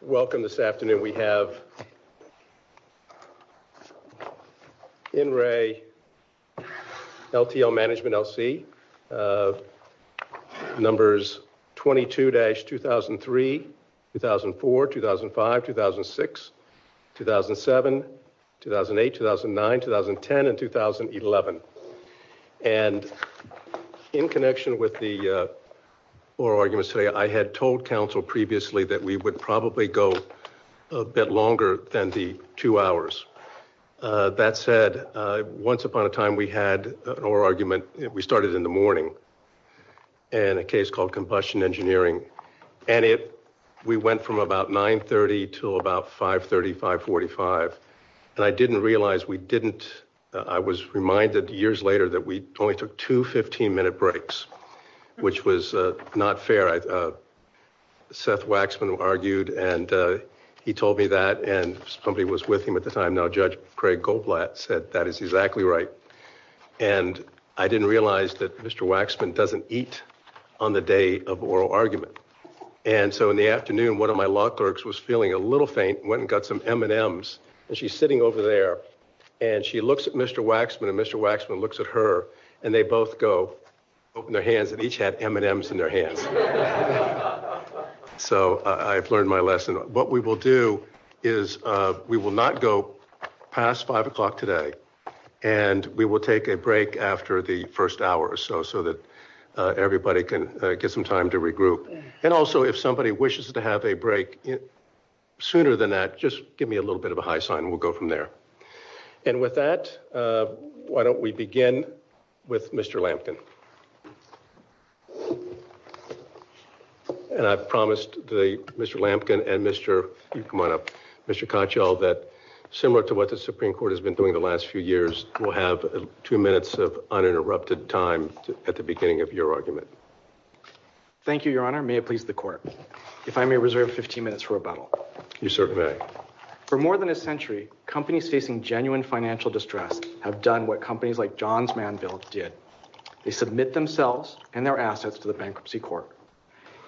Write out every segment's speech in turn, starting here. Welcome this afternoon we have In Ray LTL Management, LC Numbers 22 dash 2003 2004 2005 2006 2007 2008 2009 2010 and 2011 and In connection with the Or I'm gonna say I had told council previously that we would probably go a bit longer than the two hours That said once upon a time. We had an oral argument. We started in the morning and a case called combustion engineering and it we went from about 930 to about 535 45 And I didn't realize we didn't I was reminded years later that we only took two 15-minute breaks Which was not fair I Seth Waxman argued and he told me that and somebody was with him at the time No, judge Craig Goldblatt said that is exactly right and I didn't realize that. Mr. Waxman doesn't eat on the day of oral argument And so in the afternoon, one of my law clerks was feeling a little faint went and got some M&Ms And she's sitting over there and she looks at mr. Waxman and mr. Waxman looks at her and they both go Open their hands and each had M&Ms in their hand So I've learned my lesson what we will do is We will not go past five o'clock today and we will take a break after the first hour or so so that Everybody can get some time to regroup and also if somebody wishes to have a break Sooner than that. Just give me a little bit of a high sign. We'll go from there and with that Why don't we begin? With mr. Lampkin And I've promised the mr. Lampkin and mr. You come on up mr Koch all that similar to what the Supreme Court has been doing the last few years We'll have two minutes of uninterrupted time at the beginning of your argument Thank you. Your honor may it please the court if I may reserve 15 minutes for a bottle you sir For more than a century companies facing genuine financial distress have done what companies like John's man built did They submit themselves and their assets to the bankruptcy court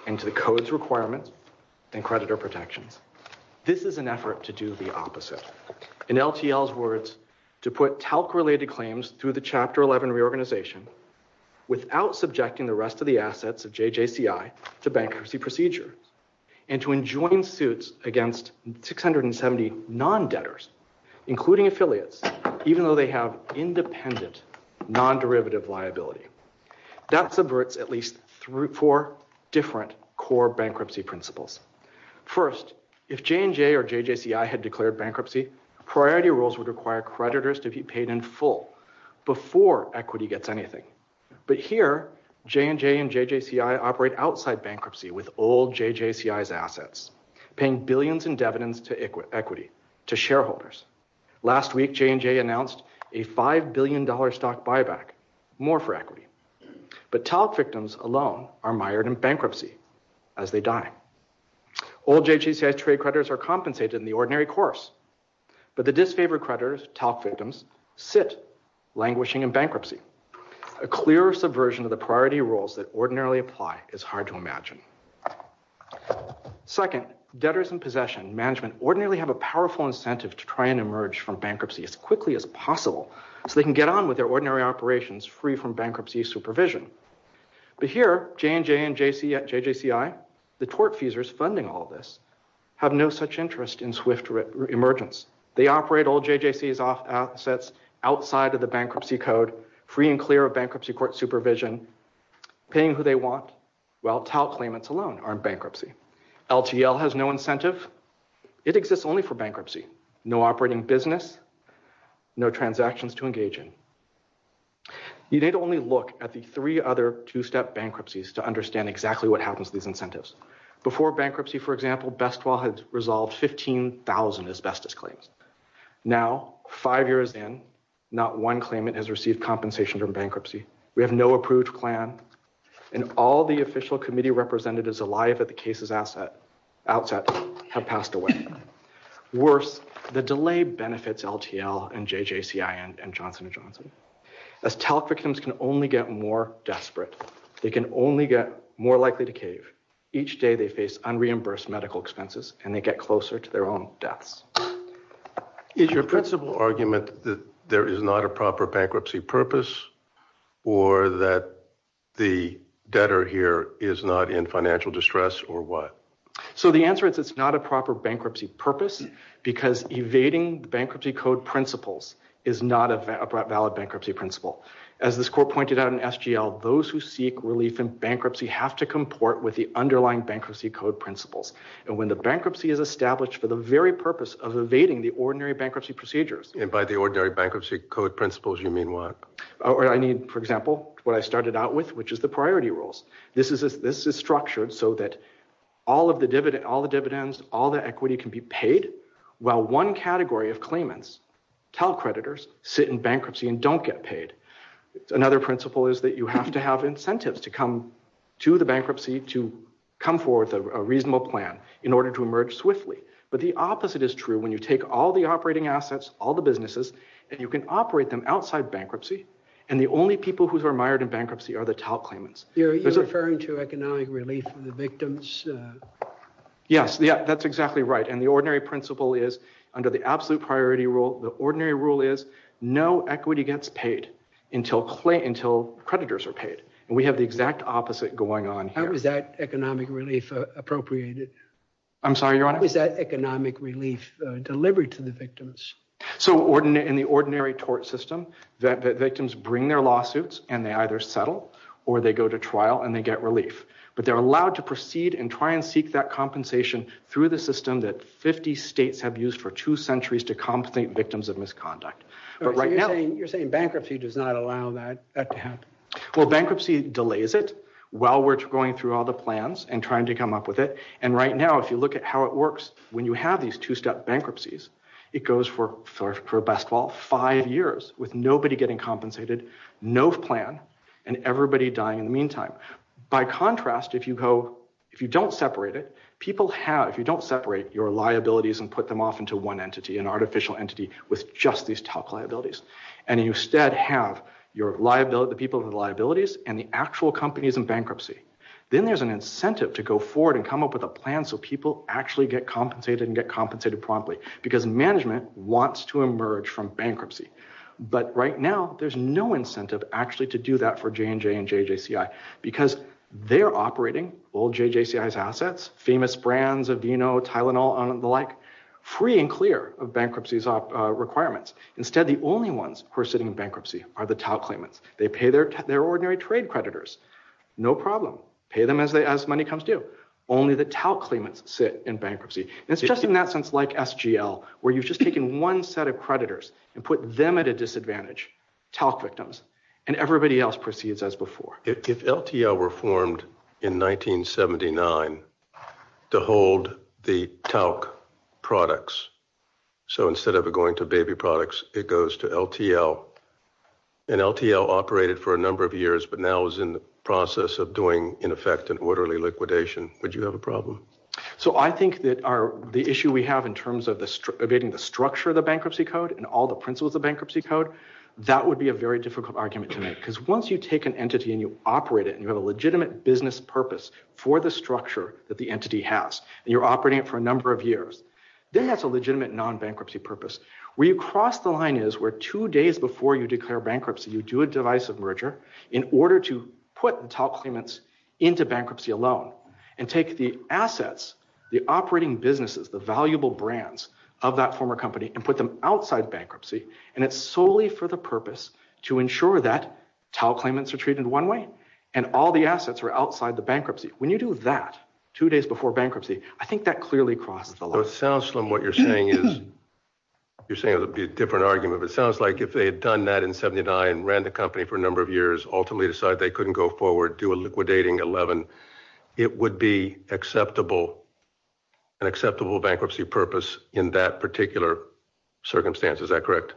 and to the codes requirements and creditor protections This is an effort to do the opposite in LTL's words to put talc related claims through the chapter 11 reorganization without subjecting the rest of the assets of JJCI to bankruptcy procedure and to enjoin suits against 670 non debtors including affiliates even though they have independent non-derivative liability That subverts at least three four different core bankruptcy principles First if J&J or JJCI had declared bankruptcy priority rules would require creditors to be paid in full Before equity gets anything but here J&J and JJCI operate outside bankruptcy with old JJCI's assets Paying billions in dividends to equity equity to shareholders Last week J&J announced a five billion dollar stock buyback more for equity But talc victims alone are mired in bankruptcy as they die All JJCI trade creditors are compensated in the ordinary course but the disfavored creditors talc victims sit languishing in bankruptcy a Clear subversion of the priority rules that ordinarily apply is hard to imagine Second debtors in possession management ordinarily have a powerful incentive to try and emerge from bankruptcy as quickly as possible So they can get on with their ordinary operations free from bankruptcy supervision But here J&J and JJCI the tort fees are funding all this have no such interest in swift Emergence, they operate all JJC's assets outside of the bankruptcy code free and clear of bankruptcy court supervision Paying who they want while talc claimants alone aren't bankruptcy LGL has no incentive. It exists only for bankruptcy. No operating business No transactions to engage in You need only look at the three other two-step bankruptcies to understand exactly what happens with incentives before bankruptcy For example best while had resolved 15,000 asbestos claims Now five years in not one claimant has received compensation from bankruptcy We have no approved plan and all the official committee representatives alive at the cases asset outset have passed away worse the delay benefits LTL and JJCI and Johnson & Johnson As talc victims can only get more desperate They can only get more likely to cave each day. They face unreimbursed medical expenses and they get closer to their own deaths Is your principal argument that there is not a proper bankruptcy purpose? or that The debtor here is not in financial distress or what? so the answer is it's not a proper bankruptcy purpose because evading the bankruptcy code principles is not a valid bankruptcy principle as this court pointed out in SGL those who seek relief in bankruptcy have to comport with the Underlying bankruptcy code principles and when the bankruptcy is established for the very purpose of evading the ordinary bankruptcy procedures And by the ordinary bankruptcy code principles, you mean what or I mean, for example what I started out with which is the priority rules This is this is structured so that all of the dividend all the dividends all the equity can be paid Well one category of claimants tell creditors sit in bankruptcy and don't get paid Another principle is that you have to have incentives to come to the bankruptcy to come forth a reasonable plan in order to emerge Swiftly, but the opposite is true when you take all the operating assets all the businesses and you can operate them outside bankruptcy And the only people who are mired in bankruptcy are the talc claimants. You're referring to economic relief for the victims Yes. Yeah, that's exactly right. And the ordinary principle is under the absolute priority rule The ordinary rule is no equity gets paid until clay until creditors are paid and we have the exact opposite going on How is that economic relief? Appropriated. I'm sorry. Your honor is that economic relief delivery to the victims? So ordinary in the ordinary tort system that the victims bring their lawsuits and they either settle or they go to trial and they get relief but they're allowed to proceed and try and seek that compensation through the system that 50 states have used for two centuries to compensate victims of misconduct But right now you're saying bankruptcy does not allow that Well bankruptcy delays it While we're going through all the plans and trying to come up with it and right now if you look at how it works When you have these two-step bankruptcies It goes for for a best fall five years with nobody getting compensated No plan and everybody dying in the meantime By contrast if you go if you don't separate it people have if you don't separate your liabilities and put them off into one entity an artificial entity with just these tough liabilities and you instead have Your liability people with liabilities and the actual companies in bankruptcy Then there's an incentive to go forward and come up with a plan So people actually get compensated and get compensated promptly because management wants to emerge from bankruptcy But right now there's no incentive actually to do that for J&J and JJCI because they're operating all JJCI's assets Famous brands of you know, Tylenol and the like free and clear of bankruptcies off requirements Instead the only ones who are sitting bankruptcy are the TAL claimants. They pay their ordinary trade creditors No problem pay them as they as money comes due only the TAL claimants sit in bankruptcy It's just in that sense like SGL where you've just taken one set of creditors and put them at a disadvantage TALC victims and everybody else proceeds as before. If LTL were formed in 1979 to hold the TALC products So instead of going to baby products, it goes to LTL And LTL operated for a number of years, but now is in the process of doing in effect an orderly liquidation But you have a problem So I think that are the issue we have in terms of this Evading the structure of the bankruptcy code and all the principles of bankruptcy code That would be a very difficult argument to make because once you take an entity and you operate it and you have a legitimate business Purpose for the structure that the entity has you're operating it for a number of years Then that's a legitimate non-bankruptcy purpose We've crossed the line is where two days before you declare bankruptcy You do a divisive merger in order to put the top payments into bankruptcy alone and take the assets the operating businesses the valuable brands of that former company and put them outside bankruptcy and it's solely for the purpose to Ensure that TALC claimants are treated one way and all the assets are outside the bankruptcy when you do that Two days before bankruptcy. I think that clearly crosses a lot. It sounds from what you're saying is You're saying it'll be a different argument It sounds like if they had done that in 79 and ran the company for a number of years ultimately decide they couldn't go forward Do a liquidating 11. It would be acceptable an acceptable bankruptcy purpose in that particular Circumstance, is that correct?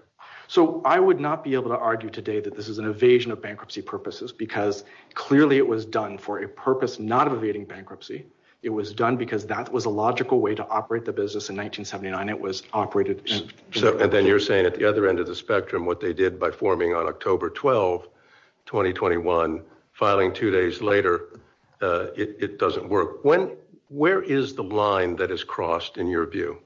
so I would not be able to argue today that this is an evasion of bankruptcy purposes because Clearly it was done for a purpose not of evading bankruptcy It was done because that was a logical way to operate the business in 1979 It was operated. So and then you're saying at the other end of the spectrum what they did by forming on October 12 2021 filing two days later It doesn't work when where is the line that is crossed in your view?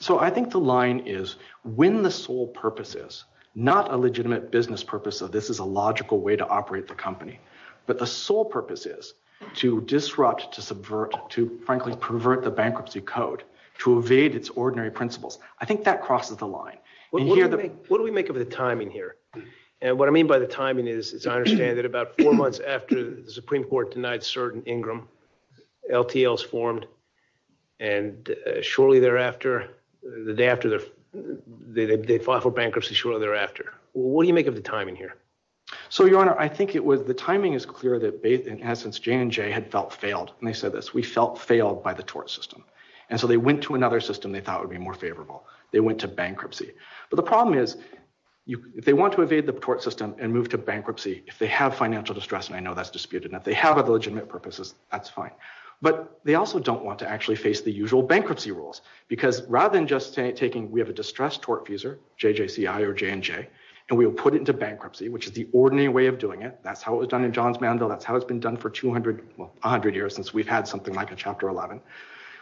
So I think the line is when the sole purpose is not a legitimate business purpose So this is a logical way to operate the company But the sole purpose is to disrupt to subvert to frankly pervert the bankruptcy code To evade its ordinary principles. I think that crosses the line What do we make of the timing here? And what I mean by the timing is as I understand it about four months after the Supreme Court denied certain Ingram LTLs formed and shortly thereafter the day after the Default for bankruptcy shortly thereafter. What do you make of the timing here? So your honor, I think it was the timing is clear that they in essence J&J had felt failed and they said this we felt failed by the tort system And so they went to another system. They thought would be more favorable. They went to bankruptcy but the problem is You they want to evade the tort system and move to bankruptcy if they have financial distress and I know that's disputed that they have a village in that purposes That's fine but they also don't want to actually face the usual bankruptcy rules because rather than just saying taking we have a distressed work user JJC I or J&J and we will put it into bankruptcy, which is the ordinary way of doing it That's how it was done in John's Mandel. That's how it's been done for 200 100 years since we've had something like a chapter 11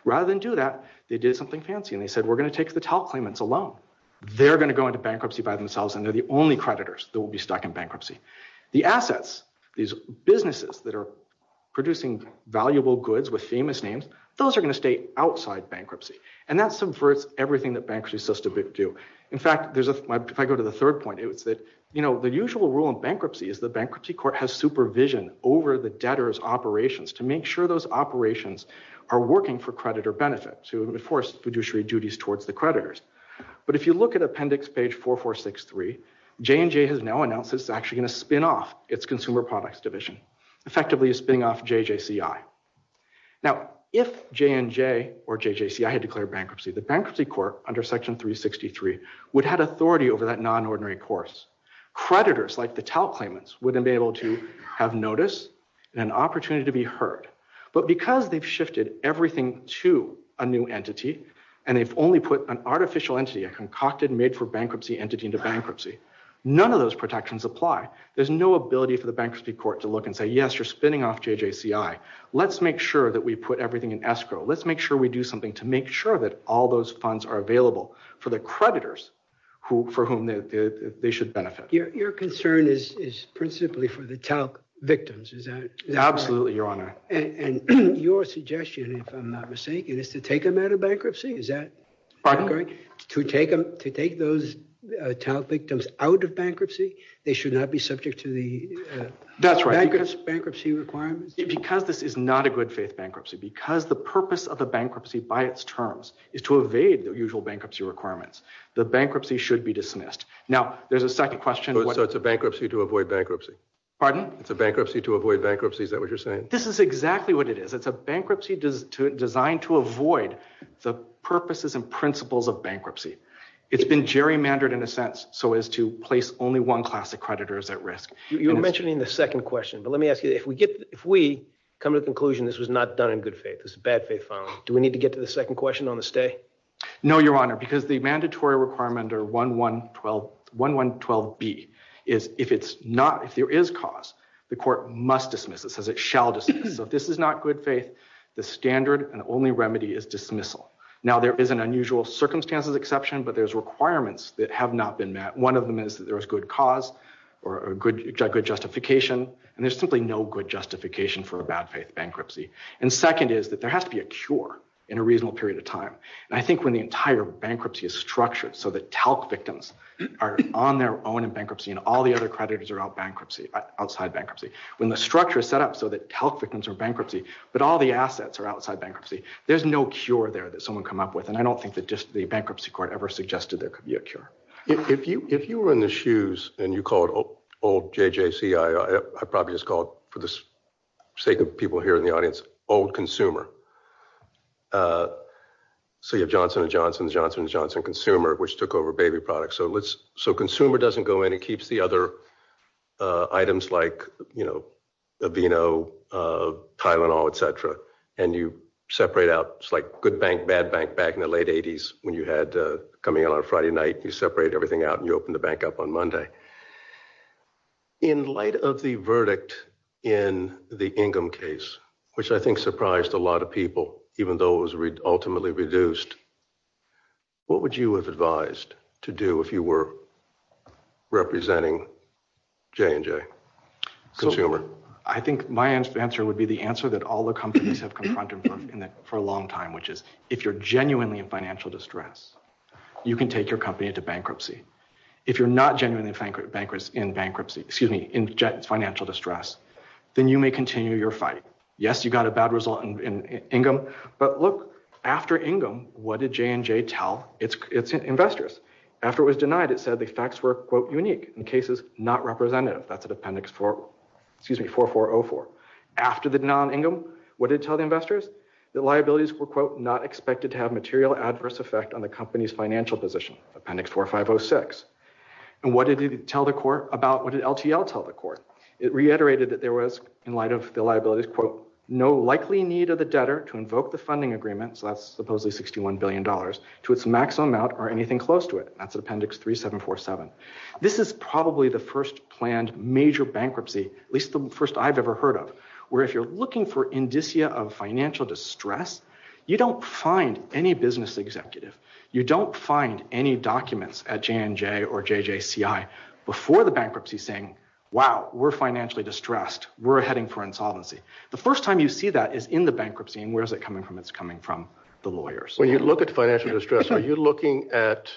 Rather than do that. They did something fancy and they said we're going to take the top claimants alone They're going to go into bankruptcy by themselves and they're the only creditors that will be stuck in bankruptcy the assets these businesses that are Producing valuable goods with famous names. Those are going to stay outside bankruptcy and that's some first everything that banks resist a bit do In fact, there's if I go to the third point You know the usual rule of bankruptcy is the bankruptcy court has supervision over the debtors Operations to make sure those operations are working for credit or benefit to enforce fiduciary duties towards the creditors But if you look at appendix page four four six three J&J has now announced. It's actually in a spin-off. It's consumer products division effectively is being off JJC I Now if J&J or JJC I had declared bankruptcy the bankruptcy court under section 1363 would had authority over that non-ordinary course Creditors like the top claimants would enable to have notice an opportunity to be heard but because they've shifted everything to a new entity and they've only put an artificial entity a Concocted made for bankruptcy entity into bankruptcy. None of those protections apply There's no ability for the bankruptcy court to look and say yes, you're spinning off JJC I Let's make sure that we put everything in escrow Let's make sure we do something to make sure that all those funds are available for the creditors who for whom? They should benefit your concern is is principally for the top victims Is that absolutely your honor and your suggestion if I'm not mistaken is to take them out of bankruptcy? Is that right to take them to take those? Talent victims out of bankruptcy. They should not be subject to the That's right Because this is not a good faith bankruptcy because the purpose of a bankruptcy by its terms is to evade their usual bankruptcy Requirements the bankruptcy should be dismissed now. There's a second question. What's a bankruptcy to avoid bankruptcy? Pardon, it's a bankruptcy to avoid bankruptcy. Is that what you're saying? This is exactly what it is It's a bankruptcy to design to avoid the purposes and principles of bankruptcy It's been gerrymandered in a sense so as to place only one class of creditors at risk You mentioned in the second question, but let me ask you if we get if we come to the conclusion This was not done in good faith. It's a bad faith file Do we need to get to the second question on the stay? No, your honor because the mandatory requirement or 1 1 12 1 1 12 B Is if it's not if there is cost the court must dismiss it says it shall just so this is not good faith The standard and only remedy is dismissal now, there is an unusual circumstances exception But there's requirements that have not been met One of them is there is good cause or a good good justification and there's simply no good justification for a bad faith bankruptcy and Second is that there has to be a cure in a reasonable period of time I think when the entire bankruptcy is structured so that health victims Are on their own in bankruptcy and all the other creditors are out bankruptcy outside bankruptcy when the structure is set up so that health Victims are bankruptcy, but all the assets are outside bankruptcy There's no cure there that someone come up with and I don't think that just the bankruptcy court ever suggested There could be a cure if you if you were in the shoes and you call it old JJC I probably just called for this sake of people here in the audience old consumer So your Johnson & Johnson Johnson & Johnson consumer which took over baby products so let's so consumer doesn't go and he keeps the other items like you know, you know Tylenol, etc And you separate out it's like good bank bad bank back in the late 80s when you had Coming on a Friday night you separate everything out and you open the bank up on Monday In light of the verdict in the Ingham case, which I think surprised a lot of people even though it was ultimately reduced What would you have advised to do if you were? representing J&J Consumer I think my answer would be the answer that all the companies have confronted for a long time Which is if you're genuinely in financial distress You can take your company into bankruptcy If you're not genuinely bankrupt bankers in bankruptcy, excuse me in jet financial distress, then you may continue your fight Yes, you got a bad result and in income but look after Ingham What did J&J tell its investors after it was denied it said the facts were quote unique in cases not representative That's an appendix for excuse me 4404 after the non Ingham What did it tell the investors that liabilities were quote not expected to have material adverse effect on the company's financial position appendix 4506? And what did it tell the court about what did LTL tell the court? It reiterated that there was in light of the liabilities quote no likely need of the debtor to invoke the funding agreement So that's supposedly 61 billion dollars to its maximum out or anything close to it. That's appendix 3747 This is probably the first planned major bankruptcy At least the first I've ever heard of where if you're looking for indicia of financial distress You don't find any business executive You don't find any documents at J&J or JJCI before the bankruptcy thing. Wow, we're financially distressed We're heading for insolvency The first time you see that is in the bankruptcy and where's it coming from? It's coming from the lawyers when you look at financial distress. Are you looking at?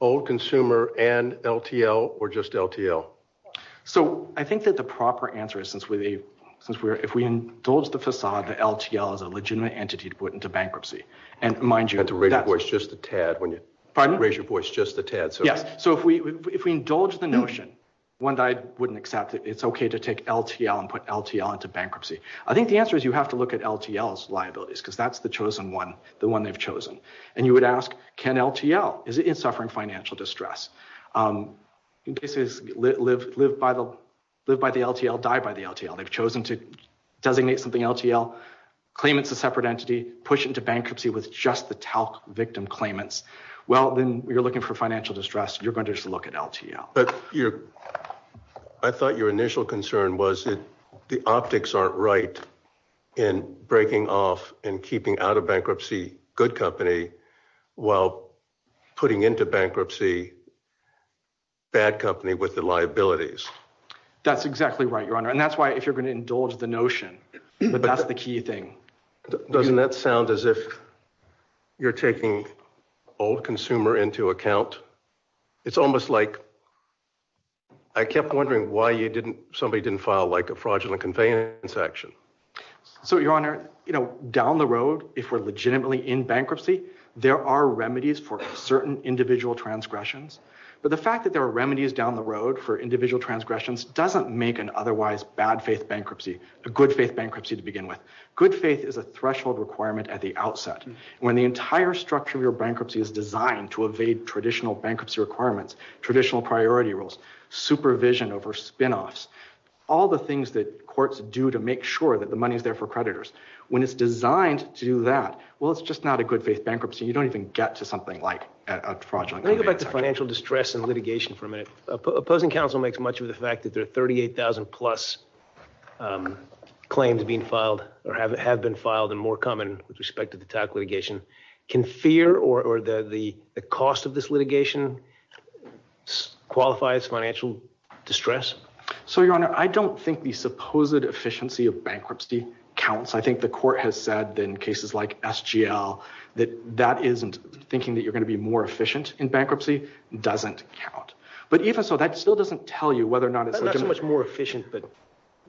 Old consumer and LTL or just LTL so I think that the proper answer is since we since we're if we indulge the facade that LTL is a legitimate entity to put into bankruptcy and Mind you had to read it was just a tad when you pardon ratio for it's just the Ted So yeah, so if we if we indulge the notion one died wouldn't accept it It's okay to take LTL and put LTL into bankruptcy I think the answer is you have to look at LTL's liabilities because that's the chosen one the one they've chosen and you would ask Can LTL is it's suffering financial distress? In cases live live by the live by the LTL died by the LTL. They've chosen to designate something LTL Claim it's a separate entity push into bankruptcy with just the talc victim claimants Well, then you're looking for financial distress. You're going to just look at LTL, but you I Thought your initial concern was it the optics aren't right in Breaking off and keeping out of bankruptcy good company while putting into bankruptcy Bad company with the liabilities That's exactly right your honor. And that's why if you're going to indulge the notion, but that's the key thing doesn't that sound as if You're taking all the consumer into account it's almost like I Kept wondering why you didn't somebody didn't file like a fraudulent conveyance action So your honor, you know down the road if we're legitimately in bankruptcy There are remedies for certain individual transgressions but the fact that there are remedies down the road for individual transgressions doesn't make an otherwise bad faith bankruptcy the good faith bankruptcy to begin with Good faith is a threshold requirement at the outset when the entire structure of your bankruptcy is designed to evade traditional bankruptcy requirements traditional priority rules Supervision over spinoffs all the things that courts do to make sure that the money is there for creditors when it's designed to do that Well, it's just not a good faith bankruptcy. You don't even get to something like a project I think about the financial distress and litigation from it opposing counsel makes much of the fact that there are 38,000 plus Claims being filed or have it have been filed and more common with respect to the tack litigation Can fear or the the cost of this litigation? Qualifies financial distress. So your honor, I don't think the supposed efficiency of bankruptcy counts I think the court has said in cases like SGL that that isn't thinking that you're going to be more efficient in bankruptcy Doesn't count but even so that still doesn't tell you whether or not it's much more efficient But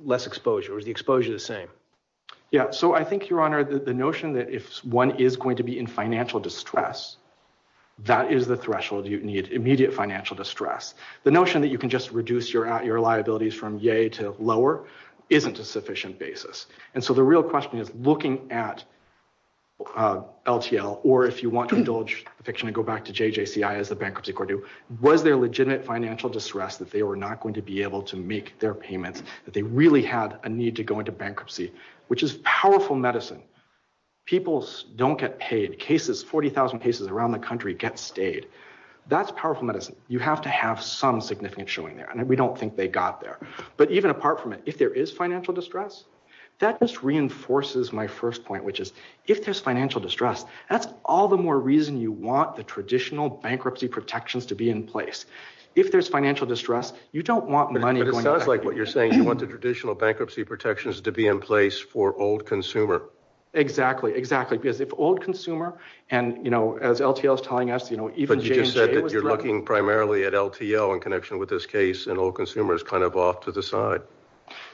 less exposure is the exposure the same Yeah, so I think your honor the notion that if one is going to be in financial distress That is the threshold you need immediate financial distress the notion that you can just reduce your out your liabilities from yay to lower Isn't a sufficient basis. And so the real question is looking at LTL or if you want to indulge fiction and go back to JJC I as the bankruptcy court do was there legitimate financial distress that they were not going to be able to make their payment that they Really have a need to go into bankruptcy, which is powerful medicine People's don't get paid cases 40,000 cases around the country get stayed that's powerful medicine You have to have some significant showing there and we don't think they got there But even apart from it if there is financial distress that just reinforces my first point Which is if there's financial distress, that's all the more reason you want the traditional bankruptcy protections to be in place If there's financial distress, you don't want money like what you're saying You want the traditional bankruptcy protections to be in place for old consumer? Exactly exactly because if old consumer and you know as LTL is telling us, you know Even you just said that you're looking primarily at LTL in connection with this case and all consumers kind of off to the side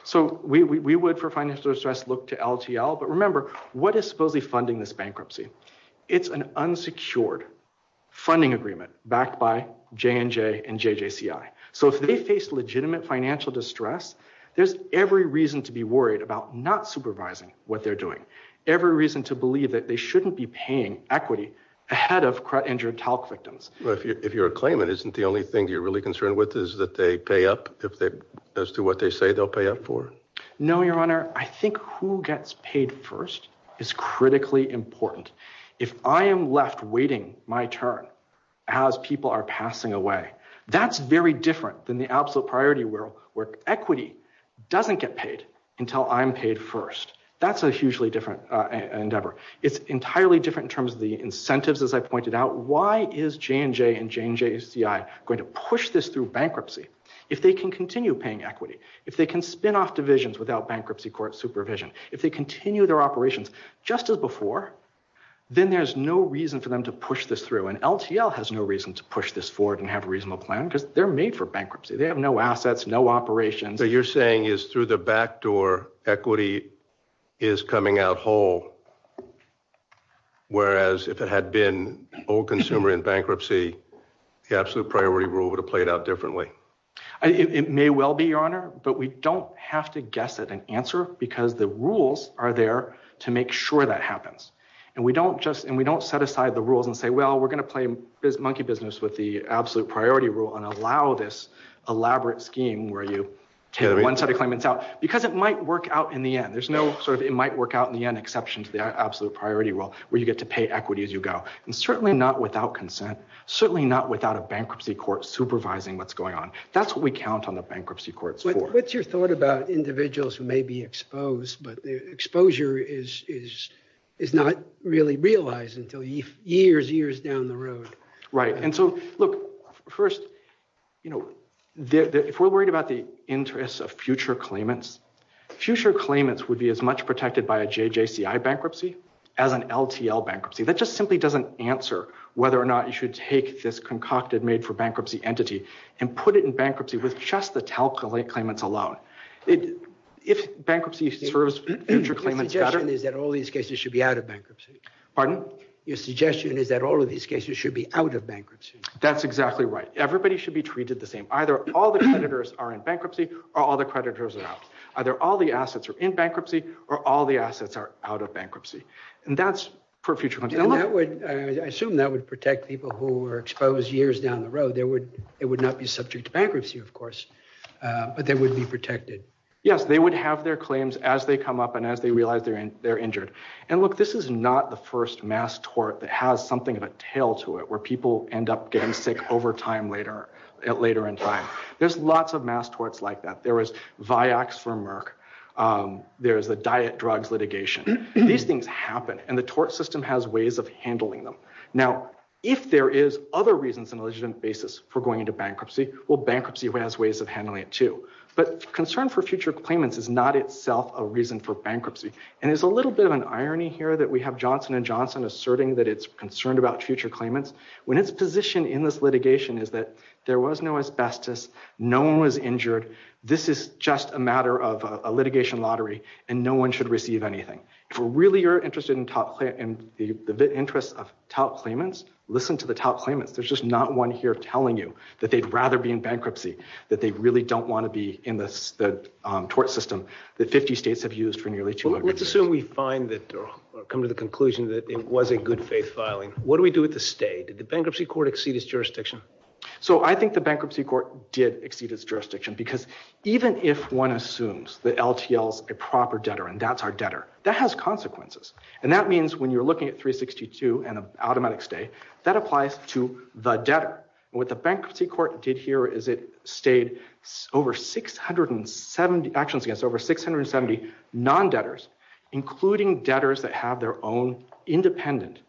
So we would for financial distress look to LTL. But remember what is supposedly funding this bankruptcy? It's an unsecured Funding agreement backed by J&J and JJC. I so if they face legitimate financial distress There's every reason to be worried about not supervising what they're doing every reason to believe that they shouldn't be paying equity Ahead of crud injured talc victims But if you're a claimant isn't the only thing you're really concerned with is that they pay up if they as to what they say They'll pay up for no, your honor. I think who gets paid first is critically important If I am left waiting my turn as people are passing away That's very different than the absolute priority world where equity doesn't get paid until I'm paid first That's a hugely different endeavor. It's entirely different in terms of the incentives as I pointed out Why is J&J and J&J CI going to push this through bankruptcy if they can continue paying equity if they can spin off divisions without? Bankruptcy court supervision if they continue their operations just as before Then there's no reason for them to push this through and LTL has no reason to push this forward and have a reasonable plan because They're made for bankruptcy. They have no assets. No operation. So you're saying is through the back door equity is coming out whole Whereas if it had been old consumer in bankruptcy The absolute priority rule would have played out differently It may well be your honor But we don't have to guess at an answer because the rules are there to make sure that happens And we don't just and we don't set aside the rules and say well We're gonna play this monkey business with the absolute priority rule and allow this Elaborate scheme where you carry one set of claimants out because it might work out in the end There's no sort of it might work out in the end exceptions The absolute priority rule where you get to pay equity as you go and certainly not without consent Certainly not without a bankruptcy court supervising what's going on. That's what we count on the bankruptcy court So what's your thought about individuals who may be exposed? But the exposure is is it's not really realized until you years years down the road, right? And so look first, you know If we're worried about the interests of future claimants Future claimants would be as much protected by a JJCI bankruptcy as an LTL bankruptcy that just simply doesn't answer whether or not you should take this concocted made-for-bankruptcy entity and Put it in bankruptcy with just the telco late claimants alone If bankruptcy serves Is that all these cases should be out of bankruptcy? Pardon, your suggestion is that all of these cases should be out of bankruptcy. That's exactly right Everybody should be treated the same either all the creditors are in bankruptcy or all the creditors are out Either all the assets are in bankruptcy or all the assets are out of bankruptcy and that's for future money I assume that would protect people who were exposed years down the road there would it would not be subject to bankruptcy, of course But they would be protected Yes They would have their claims as they come up and as they realize they're in they're injured and look this is not the first Mass tort that has something of a tail to it where people end up getting sick over time later at later in time There's lots of mass torts like that. There is Vioxx for Merck There's a diet drugs litigation These things happen and the tort system has ways of handling them If there is other reasons and legitimate basis for going into bankruptcy Well bankruptcy has ways of handling it too But concern for future claimants is not itself a reason for bankruptcy and it's a little bit of an irony here that we have Johnson And Johnson asserting that it's concerned about future claimants when its position in this litigation is that there was no asbestos No one was injured This is just a matter of a litigation lottery and no one should receive anything Really you're interested in top and the interest of top claimants listen to the top claimants there's just not one here telling you that they'd rather be in bankruptcy that they really don't want to be in this the Tort system that 50 states have used for nearly two hundred so we find that Come to the conclusion that it was a good faith filing. What do we do with the state? Did the bankruptcy court exceed its jurisdiction? So I think the bankruptcy court did exceed its jurisdiction because even if one assumes the LTL a proper debtor And that's our debtor that has consequences and that means when you're looking at 362 and an automatic stay that applies to the debtor What the bankruptcy court did here is it stayed over? 670 actions against over 670 non debtors including debtors that have their own independent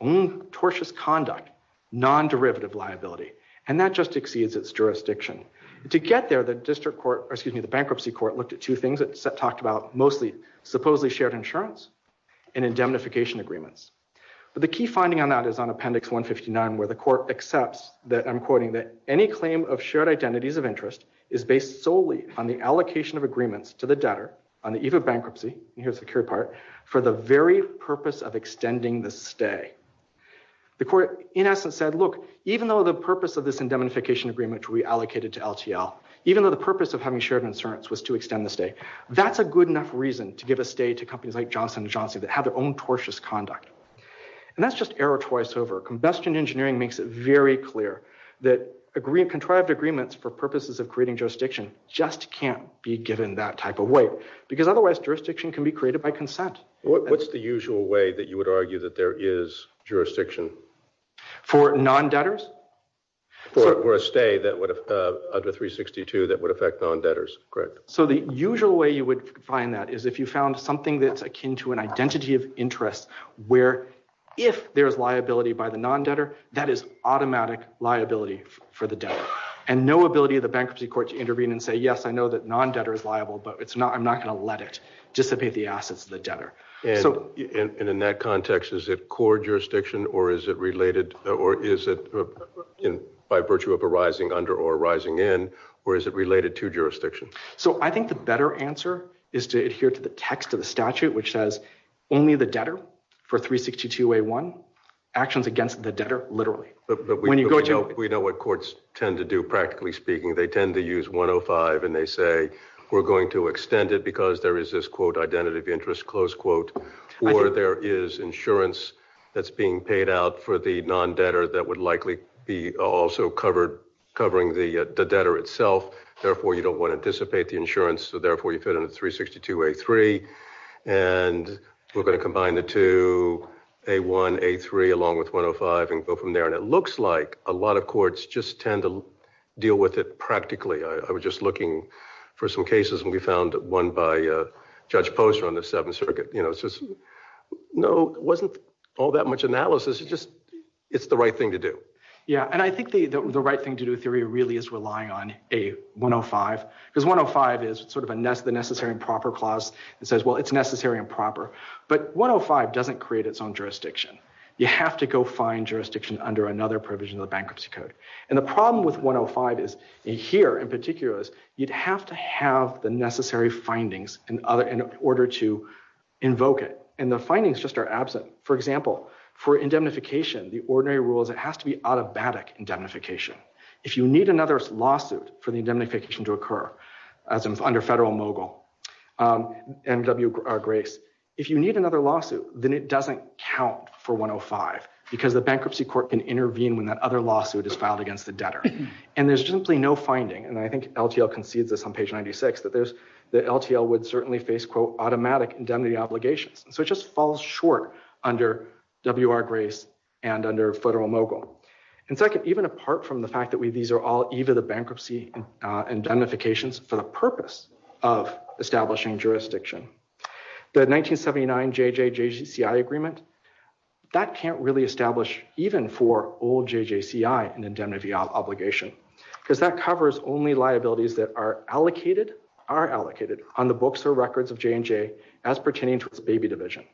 own tortious conduct Non-derivative liability and that just exceeds its jurisdiction to get there the district court Excuse me. The bankruptcy court looked at two things that set talked about mostly supposedly shared insurance and indemnification agreements But the key finding on that is on appendix 159 where the court accepts that I'm quoting that any claim of shared identities of interest Is based solely on the allocation of agreements to the debtor on the eve of bankruptcy Here's the cure part for the very purpose of extending the stay The court in essence said look even though the purpose of this indemnification agreement reallocated to LTL Even though the purpose of having shared insurance was to extend the stay That's a good enough reason to give a stay to companies like Johnson & Johnson that have their own tortious conduct And that's just error twice over combustion engineering makes it very clear that agree contrived agreements for purposes of creating jurisdiction just can't be given that type of way because otherwise Jurisdiction can be created by consent. What's the usual way that you would argue that there is jurisdiction for non debtors Or a stay that would have of the 362 that would affect on debtors, correct? So the usual way you would find that is if you found something that's akin to an identity of interest where if there's liability by the non debtor that is Automatic liability for the debtor and no ability of the bankruptcy court to intervene and say yes I know that non debtor is liable, but it's not I'm not going to let it dissipate the assets of the debtor And in that context is it core jurisdiction or is it related or is it? By virtue of a rising under or rising in or is it related to jurisdiction? So I think the better answer is to adhere to the text of the statute which says only the debtor for 362a1 actions against the debtor literally We know what courts tend to do practically speaking They tend to use 105 and they say we're going to extend it because there is this quote identity of interest close quote Or there is insurance that's being paid out for the non debtor that would likely be also covered Covering the debtor itself. Therefore, you don't want to dissipate the insurance. So therefore you put in a 362 a3 and we're going to combine the two a 1 a3 along with 105 and go from there and it looks like a lot of courts just tend to Deal with it practically. I was just looking for some cases and we found that one by Judge Posner on the Seventh Circuit, you know, it's just No wasn't all that much analysis. It's just it's the right thing to do yeah, and I think the the right thing to do theory really is relying on a 105 because 105 is sort of a nest the necessary and proper clause that says well, it's necessary and proper But 105 doesn't create its own jurisdiction You have to go find jurisdiction under another provision of the bankruptcy code and the problem with 105 is Here in particular is you'd have to have the necessary findings and other in order to Invoke it and the findings just are absent. For example for indemnification the ordinary rules. It has to be automatic indemnification If you need another lawsuit for the indemnification to occur as an under federal mogul MW grace if you need another lawsuit Then it doesn't count for 105 because the bankruptcy court can intervene when that other lawsuit is filed against the debtor And there's simply no finding and I think LTL concedes this on page 96 But there's the LTL would certainly face quote automatic indemnity obligations. So it just falls short under WR grace and under federal mogul and second even apart from the fact that we these are all either the bankruptcy indemnifications for the purpose of establishing jurisdiction the 1979 JJJ CI agreement That can't really establish even for old JJCI and indemnity obligation because that covers only liabilities that are Allocated are allocated on the books or records of J&J as pertaining to its baby division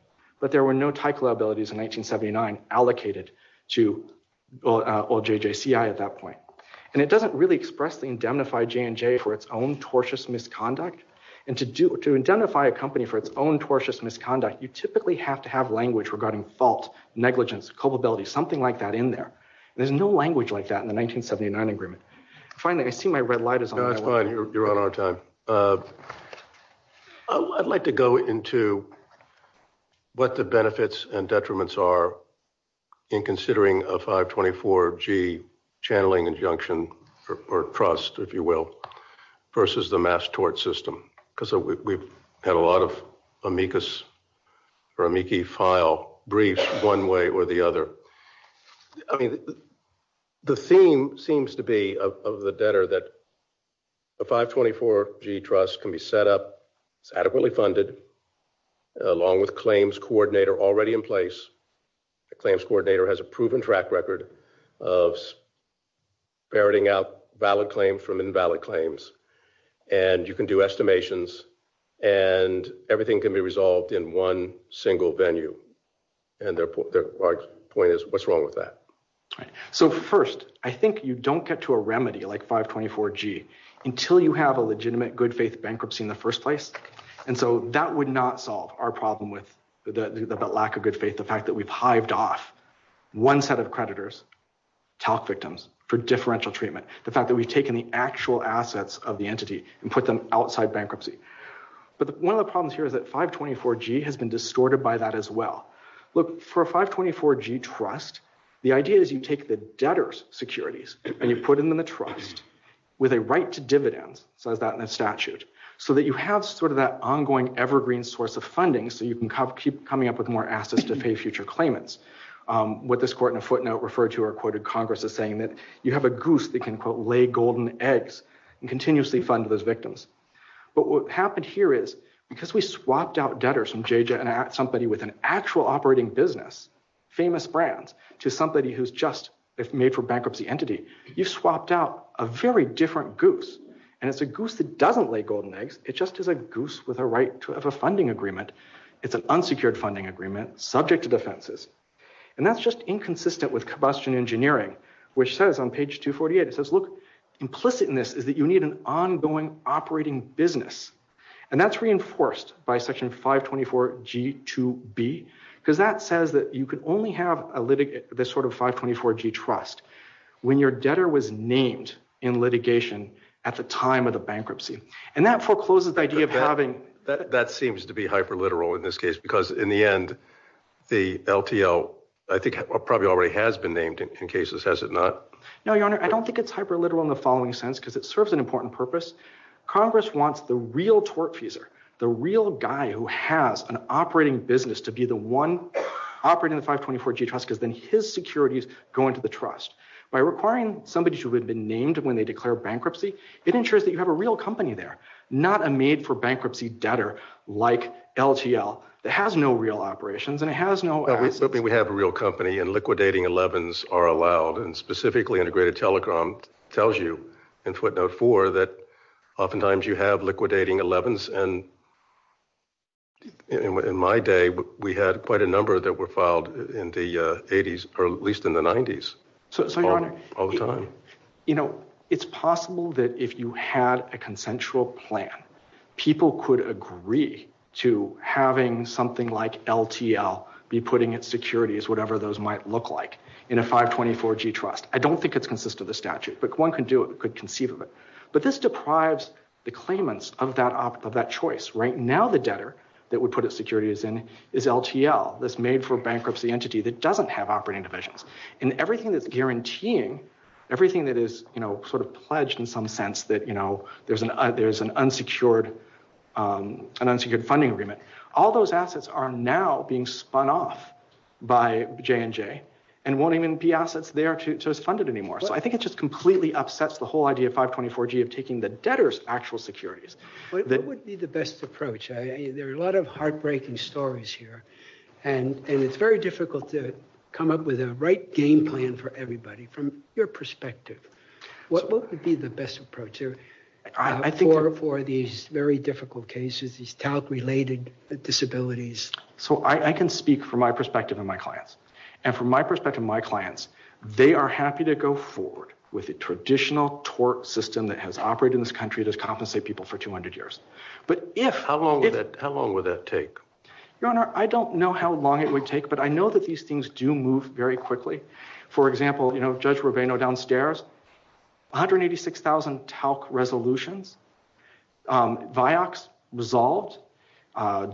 but there were no type liabilities in 1979 allocated to Old JJCI at that point and it doesn't really expressly indemnify J&J for its own tortious Misconduct you typically have to have language regarding fault negligence culpability something like that in there There's no language like that in the 1979 agreement. Finally. I see my red light is not fine. You're on our time I'd like to go into What the benefits and detriments are in? considering a 524 G Channeling injunction or trust if you will Versus the mass tort system because we've had a lot of amicus Or amici file briefed one way or the other. I mean the theme seems to be of the debtor that The 524 G trust can be set up. It's adequately funded along with claims coordinator already in place claims coordinator has a proven track record of Veriting out valid claim from invalid claims and you can do estimations and Everything can be resolved in one single venue and therefore the point is what's wrong with that? So first, I think you don't get to a remedy like 524 G Until you have a legitimate good-faith bankruptcy in the first place And so that would not solve our problem with the lack of good faith. The fact that we've hived off one set of creditors Talk victims for differential treatment the fact that we've taken the actual assets of the entity and put them outside bankruptcy But one of the problems here is that 524 G has been distorted by that as well Look for a 524 G trust. The idea is you take the debtors securities and you put them in the trust With a right to dividends so that in a statute so that you have sort of that ongoing Evergreen source of funding so you can keep coming up with more assets to pay future claimants What this court in a footnote referred to or quoted Congress is saying that you have a goose that can put lay golden eggs And continuously fund those victims But what happened here is because we swapped out debtors from JJ and at somebody with an actual operating business Famous brands to somebody who's just it's made for bankruptcy entity You've swapped out a very different goose and it's a goose that doesn't lay golden eggs It just is a goose with a right to have a funding agreement It's an unsecured funding agreement subject to defenses and that's just inconsistent with combustion engineering which says on page 248 It says look implicit in this is that you need an ongoing operating business and that's reinforced by section 524 G to B because that says that you could only have a this sort of 524 G trust When your debtor was named in litigation at the time of the bankruptcy and that forecloses the idea of having That seems to be hyper literal in this case because in the end The LTL I think probably already has been named in cases has it not No, your honor. I don't think it's hyper literal in the following sense because it serves an important purpose Congress wants the real tort teaser the real guy who has an operating business to be the one Operating the 524 G trust has been his securities going to the trust by requiring somebody to have been named when they declare bankruptcy It ensures that you have a real company. They're not a made-for-bankruptcy debtor like LTL It has no real operations and it has no I was hoping we have a real company and liquidating 11s are allowed and specifically integrated telecom tells you in footnote 4 that oftentimes you have liquidating 11s and In my day, but we had quite a number that were filed in the 80s or at least in the 90s Also, you know, it's possible that if you had a consensual plan People could agree to having something like LTL be putting its securities Whatever those might look like in a 524 G trust I don't think it's consistent the statute but one can do it could conceive of it But this deprives the claimants of that opt of that choice right now The debtor that would put its securities in is LTL that's made for bankruptcy entity That doesn't have operating divisions and everything that's guaranteeing Everything that is, you know sort of pledged in some sense that you know, there's an there's an unsecured An unsecured funding agreement all those assets are now being spun off By J&J and won't even be assets. They are just funded anymore So I think it just completely upsets the whole idea of 524 G of taking the debtors actual securities So it would be the best approach a there are a lot of heartbreaking stories here And and it's very difficult to come up with a right game plan for everybody from your perspective What would be the best approach here? I think or for these very difficult cases these talc related Disabilities so I can speak from my perspective in my clients and from my perspective my clients They are happy to go forward with a traditional tort system that has operated in this country There's compensate people for 200 years, but if how long that how long would that take your honor? I don't know how long it would take but I know that these things do move very quickly For example, you know judge Rovino downstairs 186,000 talc resolutions Vioxx resolved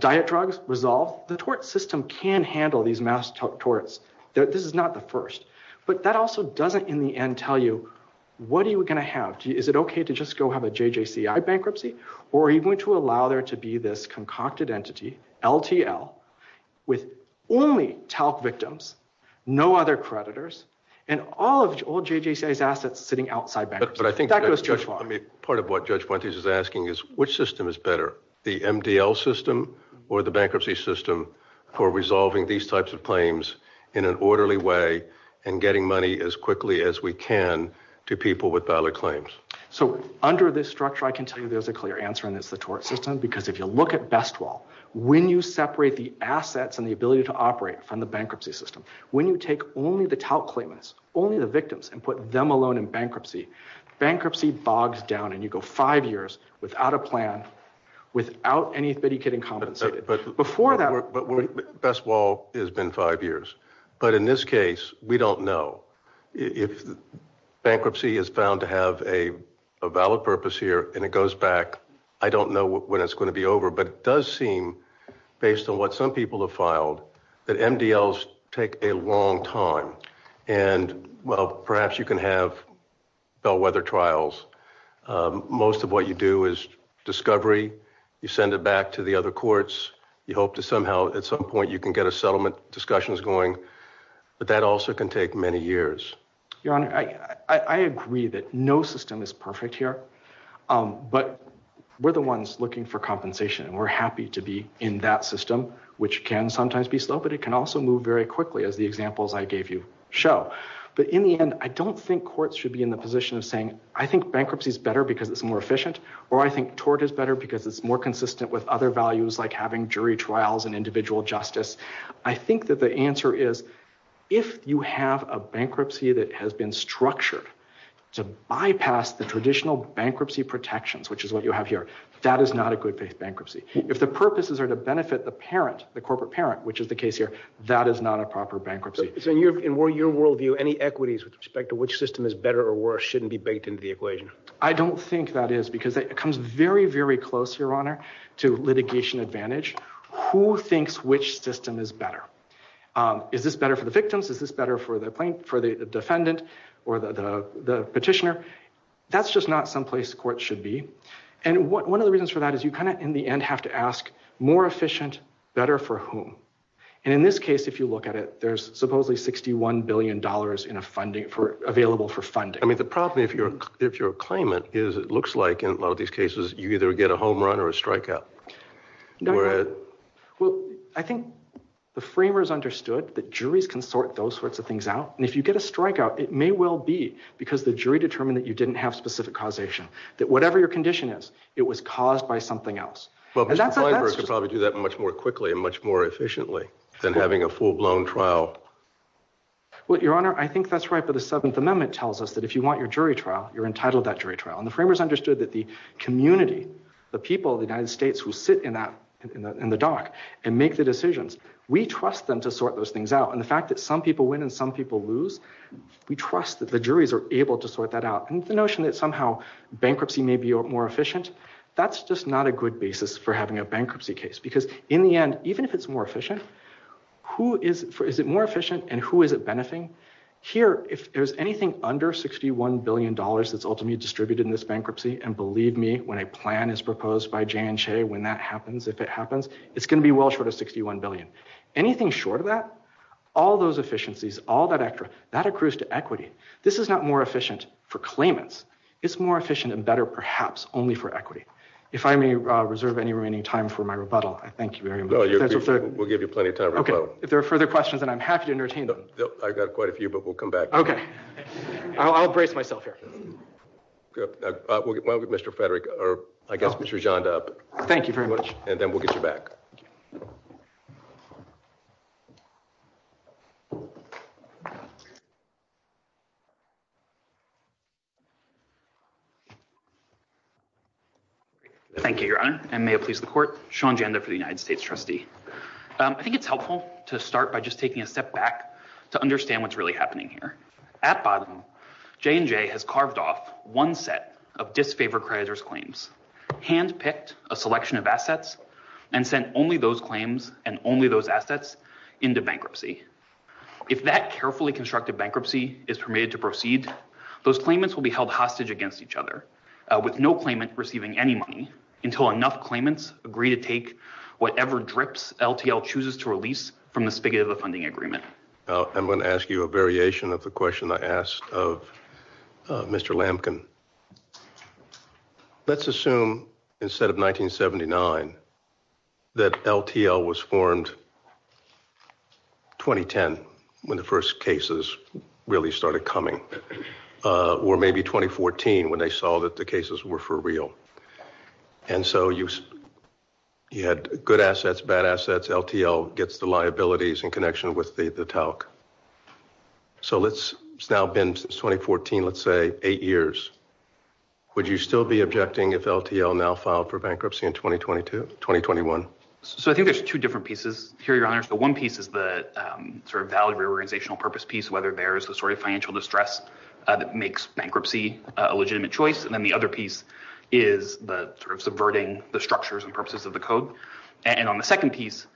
Diet drugs resolve the tort system can handle these massive torts This is not the first but that also doesn't in the end tell you What are you going to have? Is it okay to just go have a JJCI bankruptcy or are you going to allow there to be this concocted entity? LTL with only talc victims No other creditors and all of old JJCI's assets sitting outside back, but I think that goes to a part of what judge What is is asking is which system is better the MDL system or the bankruptcy system for resolving these types of claims? In an orderly way and getting money as quickly as we can to people with dollar claims So under this structure, I can tell you there's a clear answer and it's the tort system because if you look at best when you separate the Assets and the ability to operate from the bankruptcy system when you take only the talc claims only the victims and put them alone in Bankruptcy bogs down and you go five years without a plan without anybody getting before that Best wall has been five years. But in this case, we don't know if Bankruptcy is found to have a valid purpose here and it goes back I don't know what it's going to be over, but it does seem based on what some people have filed that MDLs take a long time and Well, perhaps you can have bellwether trials Most of what you do is Discovery you send it back to the other courts. You hope to somehow at some point you can get a settlement discussions going But that also can take many years Your honor. I Agree that no system is perfect here But we're the ones looking for compensation and we're happy to be in that system which can sometimes be slow But it can also move very quickly as the examples I gave you show but in the end I don't think courts should be in the position of saying I think bankruptcy is better because it's more efficient or I think tort is Better because it's more consistent with other values like having jury trials and individual justice I think that the answer is if you have a bankruptcy that has been structured To bypass the traditional bankruptcy protections, which is what you have here That is not a good bankruptcy if the purposes are to benefit the parent the corporate parent, which is the case here That is not a proper bankruptcy So you're in where your worldview any equities with respect to which system is better or worse shouldn't be baked into the equation I don't think that is because it comes very very close your honor to litigation advantage who thinks which system is better Is this better for the victims is this better for the plaintiff or the defendant or the the petitioner? That's just not someplace court should be and what one of the reasons for that is you kind of in the end have to ask More efficient better for whom and in this case if you look at it There's supposedly 61 billion dollars in a funding for available for funding I mean the problem if you're if you're a claimant is it looks like in a lot of these cases you either get a home run or a strikeout No, I think the framers understood that juries can sort those sorts of things out and if you get a strikeout it may well be Because the jury determined that you didn't have specific causation that whatever your condition is it was caused by something else Well, that's probably do that much more quickly and much more efficiently than having a full-blown trial What your honor I think that's right But a Seventh Amendment tells us that if you want your jury trial you're entitled that jury trial and the framers understood that the Community the people of the United States who sit in that in the dark and make the decisions We trust them to sort those things out and the fact that some people win and some people lose We trust that the juries are able to sort that out and the notion that somehow Bankruptcy may be more efficient. That's just not a good basis for having a bankruptcy case because in the end even if it's more efficient Who is for is it more efficient and who is it benefiting here? If there's anything under 61 billion dollars That's ultimately distributed in this bankruptcy and believe me when a plan is proposed by J&J when that happens if it happens It's going to be well short of 61 billion Anything short of that all those efficiencies all that actor that accrues to equity. This is not more efficient for claimants It's more efficient and better perhaps only for equity if I may reserve any remaining time for my rebuttal. I thank you very much We'll give you plenty of time. Okay, if there are further questions, and I'm happy to entertain them I've got quite a few but we'll come back. Okay I'll brace myself here Good. Well, mr. Frederick or I guess mr. John up. Thank you very much. And then we'll get you back Thank you, your honor and may it please the court Sean gender for the United States trustee I think it's helpful to start by just taking a step back to understand what's really happening here at bottom J&J has carved off one set of disfavored crazier's claims Hand-picked a selection of assets and sent only those claims and only those assets into bankruptcy If that carefully constructed bankruptcy is permitted to proceed those claimants will be held hostage against each other With no claimant receiving any money until enough claimants agree to take whatever drips LTL chooses to release from the spigot of the funding agreement. I'm going to ask you a variation of the question. I asked of mr. Lamkin Let's assume instead of 1979 that LTL was formed 2010 when the first cases really started coming Or maybe 2014 when they saw that the cases were for real and so you You had good assets bad assets LTL gets the liabilities in connection with the the talc So let's stop in 2014. Let's say eight years Would you still be objecting if LTL now filed for bankruptcy in 2022 2021? So I think there's two different pieces here your honors The one piece is the sort of value reorganizational purpose piece whether there's the sort of financial distress That makes bankruptcy a legitimate choice And then the other piece is the sort of subverting the structures and purposes of the code and on the second piece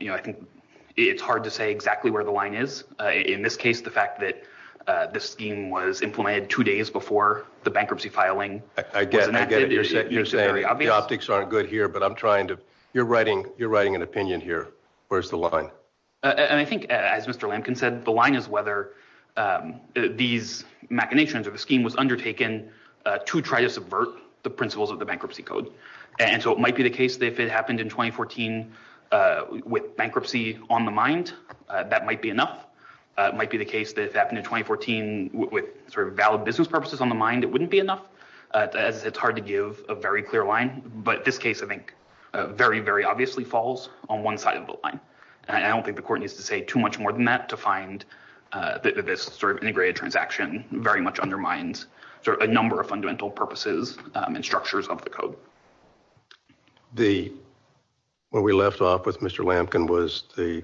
You know, I think it's hard to say exactly where the line is in this case the fact that This scheme was implemented two days before the bankruptcy filing Again Optics aren't good here, but I'm trying to you're writing you're writing an opinion here. Where's the line? And I think as mr. Lincoln said the line is whether These machinations of the scheme was undertaken to try to subvert the principles of the bankruptcy code And so it might be the case that it happened in 2014 With bankruptcy on the mind that might be enough It might be the case that happened in 2014 with sort of valid business purposes on the mind It wouldn't be enough It's hard to give a very clear line but this case I think Very very obviously falls on one side of the line I don't think the court needs to say too much more than that to find That this sort of integrated transaction very much undermines sort of a number of fundamental purposes and structures of the code the what we left off with mr. Lampkin was the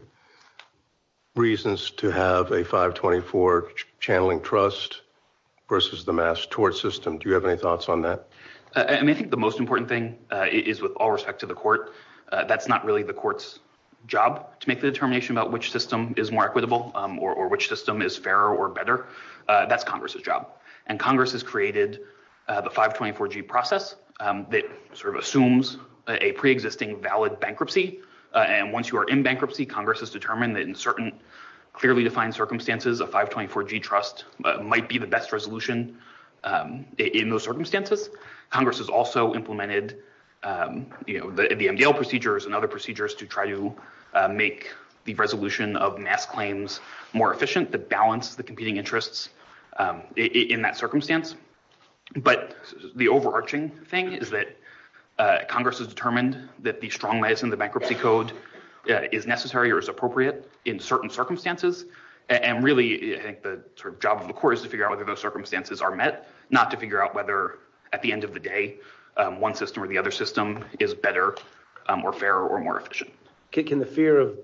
Reasons to have a 524 channeling trust Versus the mass tort system. Do you have any thoughts on that? And I think the most important thing is with all respect to the court That's not really the courts job to make the determination about which system is more equitable or which system is fairer or better That's Congress's job and Congress has created The 524 G process that sort of assumes a pre-existing valid bankruptcy And once you are in bankruptcy Congress has determined that in certain clearly defined circumstances of 524 G trust Might be the best resolution in those circumstances Congress has also implemented You know the in the Engale procedures and other procedures to try to Make the resolution of mass claims more efficient to balance the competing interests in that circumstance but the overarching thing is that Congress has determined that the strong lies in the bankruptcy code Is necessary or is appropriate in certain circumstances And really the job of the court is to figure out whether those circumstances are met not to figure out whether at the end of the day One system or the other system is better More fair or more efficient kicking the fear of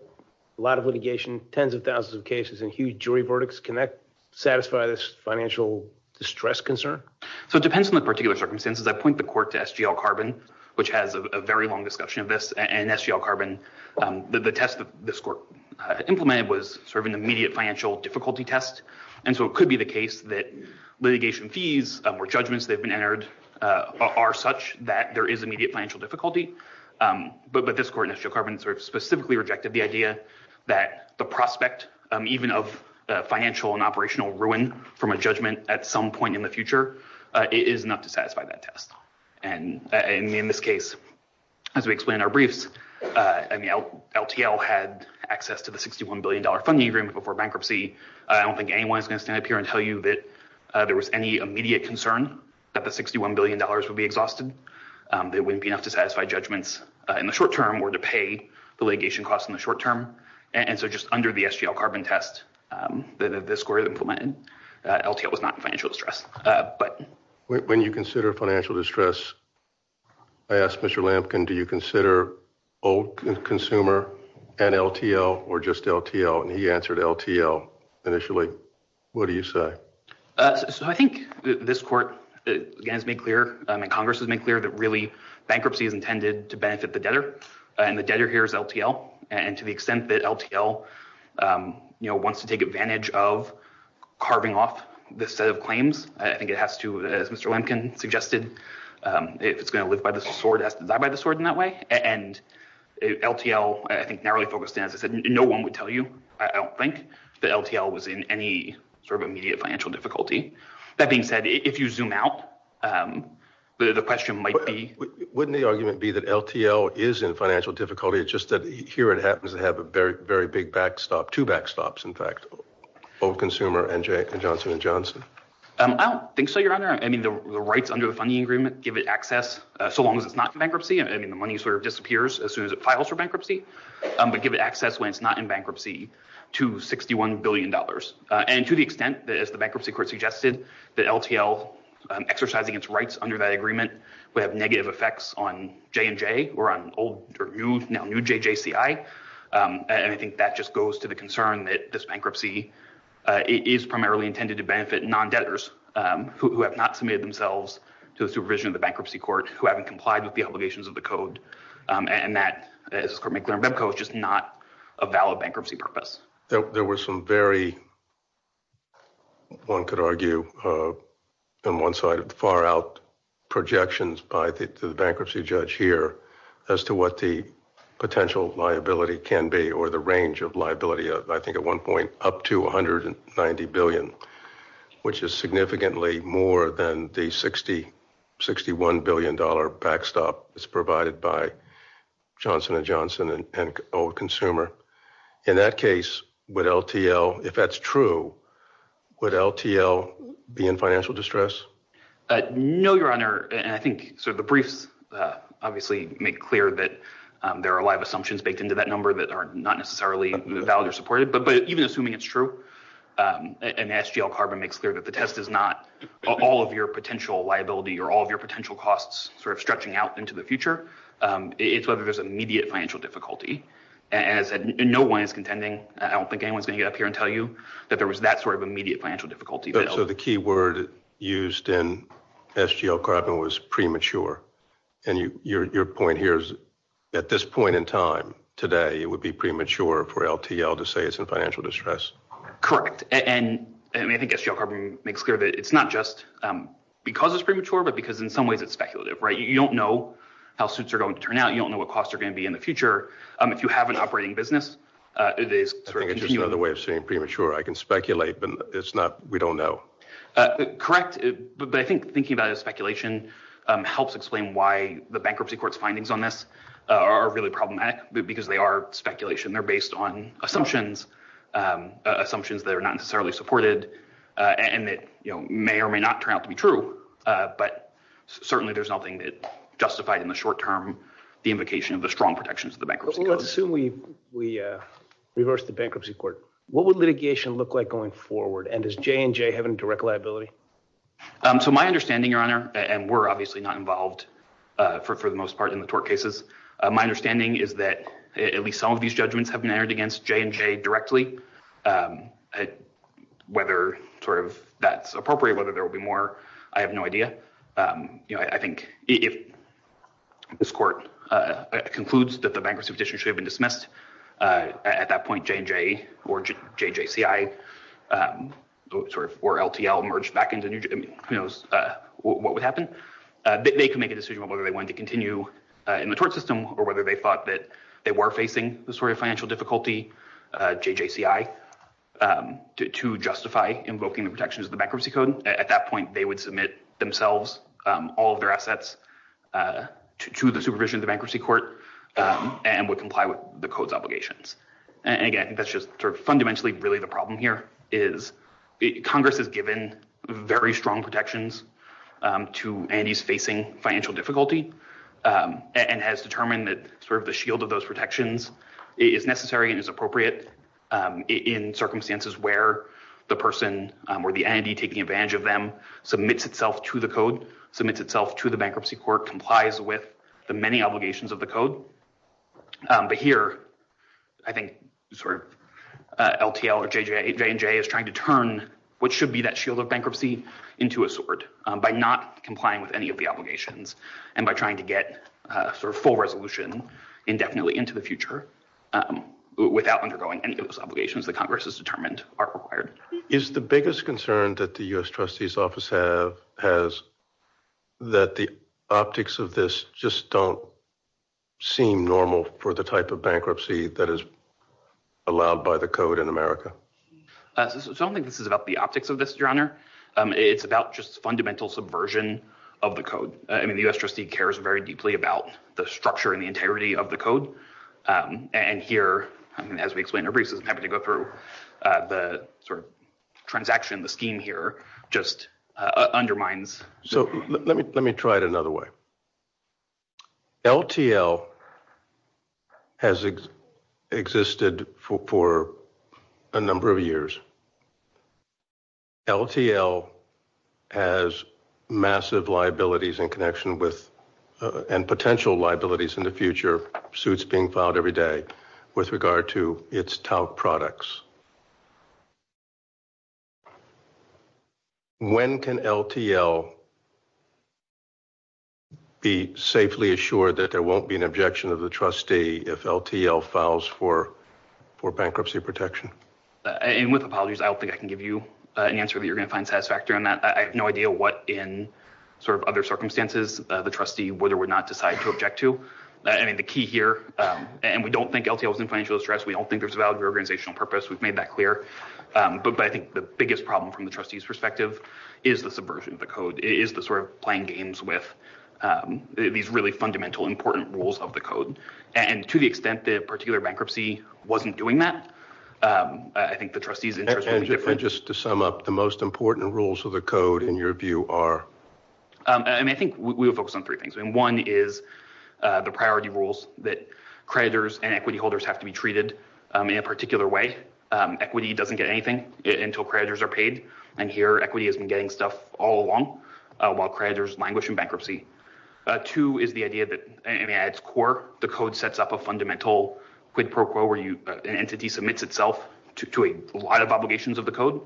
a lot of litigation tens of thousands of cases and huge jury verdicts connect Satisfy this financial distress concern. So it depends on the particular circumstances I point the court to SGL carbon, which has a very long discussion of this and SGL carbon the test of this court Implemented was serving the immediate financial difficulty test. And so it could be the case that Litigation fees or judgments they've been entered Are such that there is immediate financial difficulty but but this court in a few carbons are specifically rejected the idea that the prospect even of Financial and operational ruin from a judgment at some point in the future It is enough to satisfy that test and in this case As we explain our briefs and the LTL had access to the 61 billion dollar funding agreement before bankruptcy I don't think anyone's gonna stand up here and tell you that there was any immediate concern that the 61 billion dollars would be exhausted There wouldn't be enough to satisfy judgments in the short term or to pay the litigation costs in the short term And so just under the SGL carbon test Then if this court implemented LTL was not financial distress, but when you consider financial distress, I Asked mr. Lampkin. Do you consider? Oh Consumer and LTL or just LTL and he answered LTL initially. What do you say? So I think this court Has made clear and Congress has made clear that really bankruptcy is intended to benefit the debtor And the debtor here is LTL and to the extent that LTL You know wants to take advantage of Carving off this set of claims. I think it has to mr. Lampkin suggested it's gonna live by the sword after that by the sword in that way and LTL I think narrowly focused answer said no one would tell you I don't think the LTL was in any Sort of immediate financial difficulty that being said if you zoom out The question might be wouldn't the argument be that LTL is in financial difficulty It's just that here it happens to have a very very big backstop to backstops. In fact, both consumer and Jake Johnson Johnson I don't think so Your honor I mean the rights under a funding agreement give it access so long as it's not bankruptcy I mean the money sort of disappears as soon as it files for bankruptcy But give it access when it's not in bankruptcy to 61 billion dollars and to the extent that as the bankruptcy court suggested that LTL Exercising its rights under that agreement would have negative effects on J&J or on old or new new JJCI And I think that just goes to the concern that this bankruptcy Is primarily intended to benefit non debtors who have not submitted themselves to the supervision of the bankruptcy court who haven't complied with the obligations of the code And that is for McLaren Banko is just not a valid bankruptcy purpose. There were some very One could argue and one-sided far-out Projections by the bankruptcy judge here as to what the Potential liability can be or the range of liability of I think at one point up to a hundred and ninety billion Which is significantly more than the sixty sixty one billion dollar backstop is provided by Johnson and Johnson and old consumer in that case with LTL if that's true Would LTL be in financial distress? No, your honor, and I think so the brief Obviously make clear that there are a lot of assumptions baked into that number that aren't not necessarily the value supported But but even assuming it's true An SGL carbon makes clear that the test is not all of your potential liability or all of your potential costs sort of stretching out into the future It's whether there's immediate financial difficulty As in no one is contending I don't think anyone's gonna get up here and tell you that there was that sort of immediate financial difficulty so the key word used in SGL carbon was premature and you your point here is at this point in time Today, it would be premature for LTL to say it's a financial distress Correct. And I think it's your carbon makes clear that it's not just Because it's premature but because in some ways it's speculative, right? You don't know how suits are going to turn out You don't know what costs are going to be in the future. Um, if you have an operating business It is another way of saying premature I can speculate but it's not we don't know Correct, but I think thinking about it speculation Helps explain why the bankruptcy courts findings on this are really problematic because they are speculation. They're based on assumptions Assumptions that are not necessarily supported and that you know may or may not turn out to be true But certainly there's nothing that justified in the short term the invocation of the strong protections of the bankruptcy let's assume we we Reverse the bankruptcy court. What would litigation look like going forward and is J&J having direct liability? So my understanding your honor and we're obviously not involved For the most part in the tort cases. My understanding is that at least some of these judgments have been entered against J&J directly I Whether sort of that's appropriate whether there will be more I have no idea. You know, I think if this court Concludes that the bankruptcy position should have been dismissed at that point J&J or JJCI Sort of or LTL merged back into new What would happen? They can make a decision whether they want to continue In the tort system or whether they thought that they were facing the story of financial difficulty JJCI To justify invoking the protections of the bankruptcy code at that point. They would submit themselves all of their assets to the supervision of the bankruptcy court And would comply with the codes obligations. And again, that's just for fundamentally really the problem here is Congress has given very strong protections to Andy's facing financial difficulty And has determined that sort of the shield of those protections is necessary is appropriate In circumstances where the person or the Andy taking advantage of them Submits itself to the code submits itself to the bankruptcy court complies with the many obligations of the code but here I think LTL or J&J is trying to turn what should be that shield of bankruptcy Into a sort by not complying with any of the obligations and by trying to get sort of full resolution indefinitely into the future Without undergoing any of those obligations the Congress has determined are required is the biggest concern that the US trustee's office have has that the optics of this just don't seem normal for the type of bankruptcy that is allowed by the code in America Something this is about the optics of this your honor It's about just fundamental subversion of the code and the US trustee cares very deeply about the structure and the integrity of the code And here I mean as we explain the reasons having to go through the sort of transaction the scheme here just Undermines, so let me let me try it another way LTL has existed for a number of years LTL has massive liabilities in connection with And potential liabilities in the future suits being filed every day with regard to its top products When can LTL Be safely assured that there won't be an objection of the trustee if LTL files for for bankruptcy protection And with apologies I don't think I can give you an answer that you're gonna find satisfactory on that I have no idea what in sort of other circumstances the trustee whether would not decide to object to I mean the key here and we don't think LTL is in financial distress. We don't think there's a valid organizational purpose We've made that clear but I think the biggest problem from the trustees perspective is the subversion of the code is the sort of playing games with These really fundamental important rules of the code and to the extent that particular bankruptcy wasn't doing that I think the trustees Just to sum up the most important rules of the code in your view are and I think we would focus on three things and one is The priority rules that creditors and equity holders have to be treated in a particular way Equity doesn't get anything until creditors are paid and here equity isn't getting stuff all along while creditors languish in bankruptcy Two is the idea that in adds court the code sets up a fundamental Quid pro quo where you an entity submits itself to a lot of obligations of the code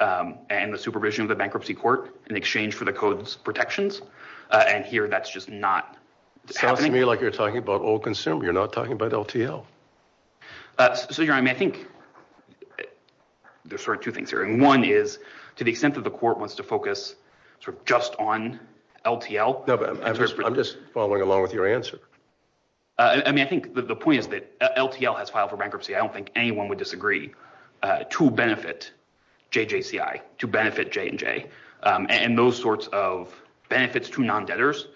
And the supervision of the bankruptcy court in exchange for the codes protections and here that's just not Happening like you're talking about old concealed. You're not talking about LTL so you're I mean, I think There's sort of two things here and one is to the extent that the court wants to focus sort of just on LTL I'm just following along with your answer. I Mean, I think the point is that LTL has filed for bankruptcy. I don't think anyone would disagree to benefit JJCI to benefit J&J and those sorts of benefits to non debtors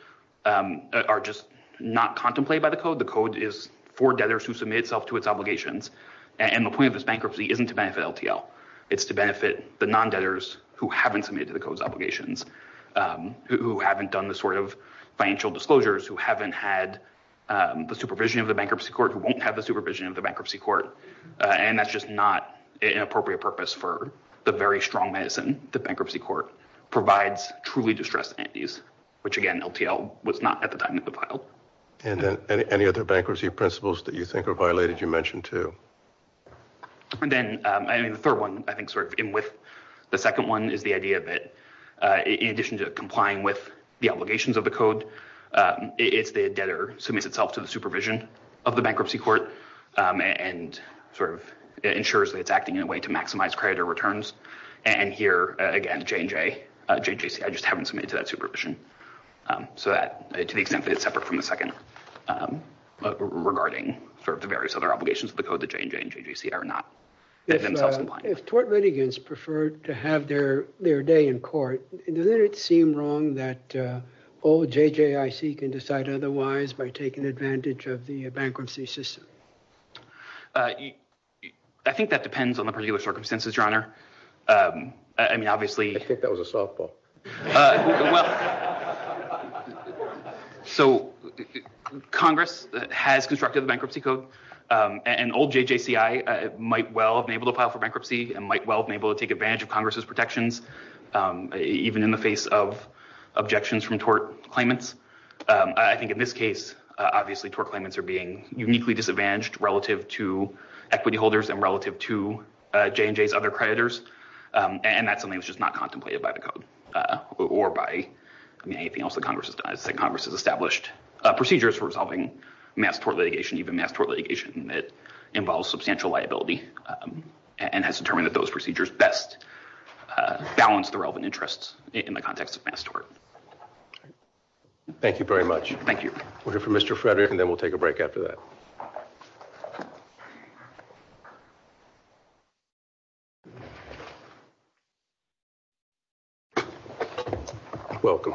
Are just not contemplated by the code The code is for debtors who submit itself to its obligations and the point of this bankruptcy isn't to benefit LTL It's to benefit the non debtors who haven't submitted the codes obligations Who haven't done the sort of financial disclosures who haven't had The supervision of the bankruptcy court who won't have the supervision of the bankruptcy court And that's just not an appropriate purpose for the very strong medicine The bankruptcy court provides truly distressed entities, which again LTL was not at the time of the file And any other bankruptcy principles that you think are violated you mentioned, too And then I mean the third one I think sort of in with the second one is the idea of it In addition to complying with the obligations of the code if the debtor submits itself to the supervision of the bankruptcy court and Sort of ensures that it's acting in a way to maximize credit or returns and here again J&J, JJCI I just haven't submitted to that supervision So that to the extent that it's separate from the second Regarding the various other obligations of the code that J&J and JJCI are not If tort litigants preferred to have their their day in court, and then it seemed wrong that Old JJIC can decide otherwise by taking advantage of the bankruptcy system I Think that depends on the particular circumstances your honor. I mean obviously I think that was a softball So Congress has constructed bankruptcy code And old JJCI might well be able to file for bankruptcy and might well be able to take advantage of Congress's protections even in the face of objections from tort claimants I think in this case obviously tort claimants are being uniquely disadvantaged relative to equity holders and relative to J&J's other creditors And that's something that's just not contemplated by the code Or by I mean anything else the Congress has established Procedures for resolving mass tort litigation even mass tort litigation that involves substantial liability And has determined that those procedures best Balance the relevant interests in the context of mass tort Thank you very much. Thank you. We're here for mr. Frederick, and then we'll take a break after that Welcome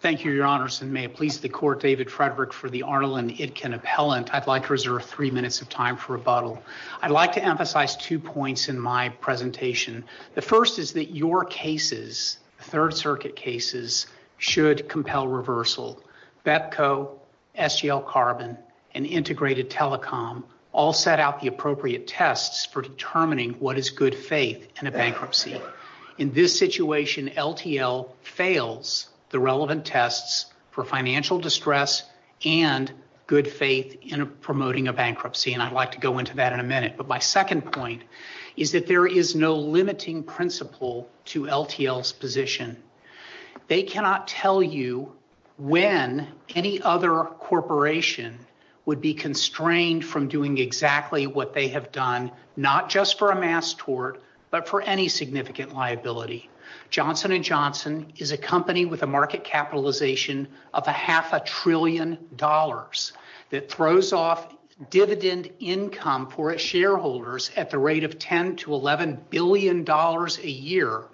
Thank you your honors and may it please the court David Frederick for the Arnall and Itkin appellant I'd like to reserve three minutes of time for rebuttal. I'd like to emphasize two points in my presentation The first is that your cases third circuit cases should compel reversal Betco SGL carbon and integrated telecom all set out the appropriate tests for determining What is good faith in a bankruptcy in this situation? LTL fails the relevant tests for financial distress and Good faith in promoting a bankruptcy and I'd like to go into that in a minute But my second point is that there is no limiting principle to LTLs position They cannot tell you when any other Corporation would be constrained from doing exactly what they have done Not just for a mass tort, but for any significant liability Johnson & Johnson is a company with a market capitalization of a half a trillion dollars that throws off Dividend income for its shareholders at the rate of 10 to 11 billion dollars a year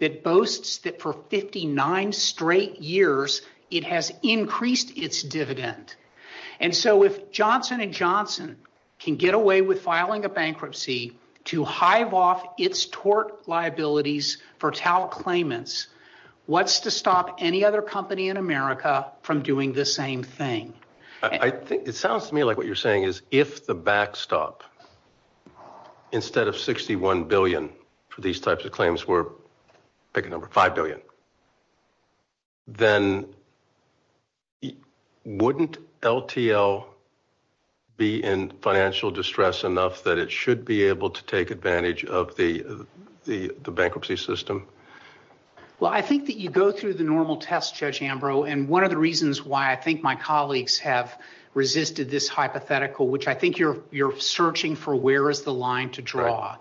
It boasts that for 59 straight years It has increased its dividend And so if Johnson & Johnson Can get away with filing a bankruptcy to hive off its tort liabilities for TAL claimants What's to stop any other company in America from doing the same thing? I think it sounds to me like what you're saying is if the backstop Instead of 61 billion for these types of claims were picking over 5 billion then It wouldn't LTL Be in financial distress enough that it should be able to take advantage of the the bankruptcy system Well, I think that you go through the normal test judge Ambrose and one of the reasons why I think my colleagues have Resisted this hypothetical which I think you're you're searching for Where is the line to draw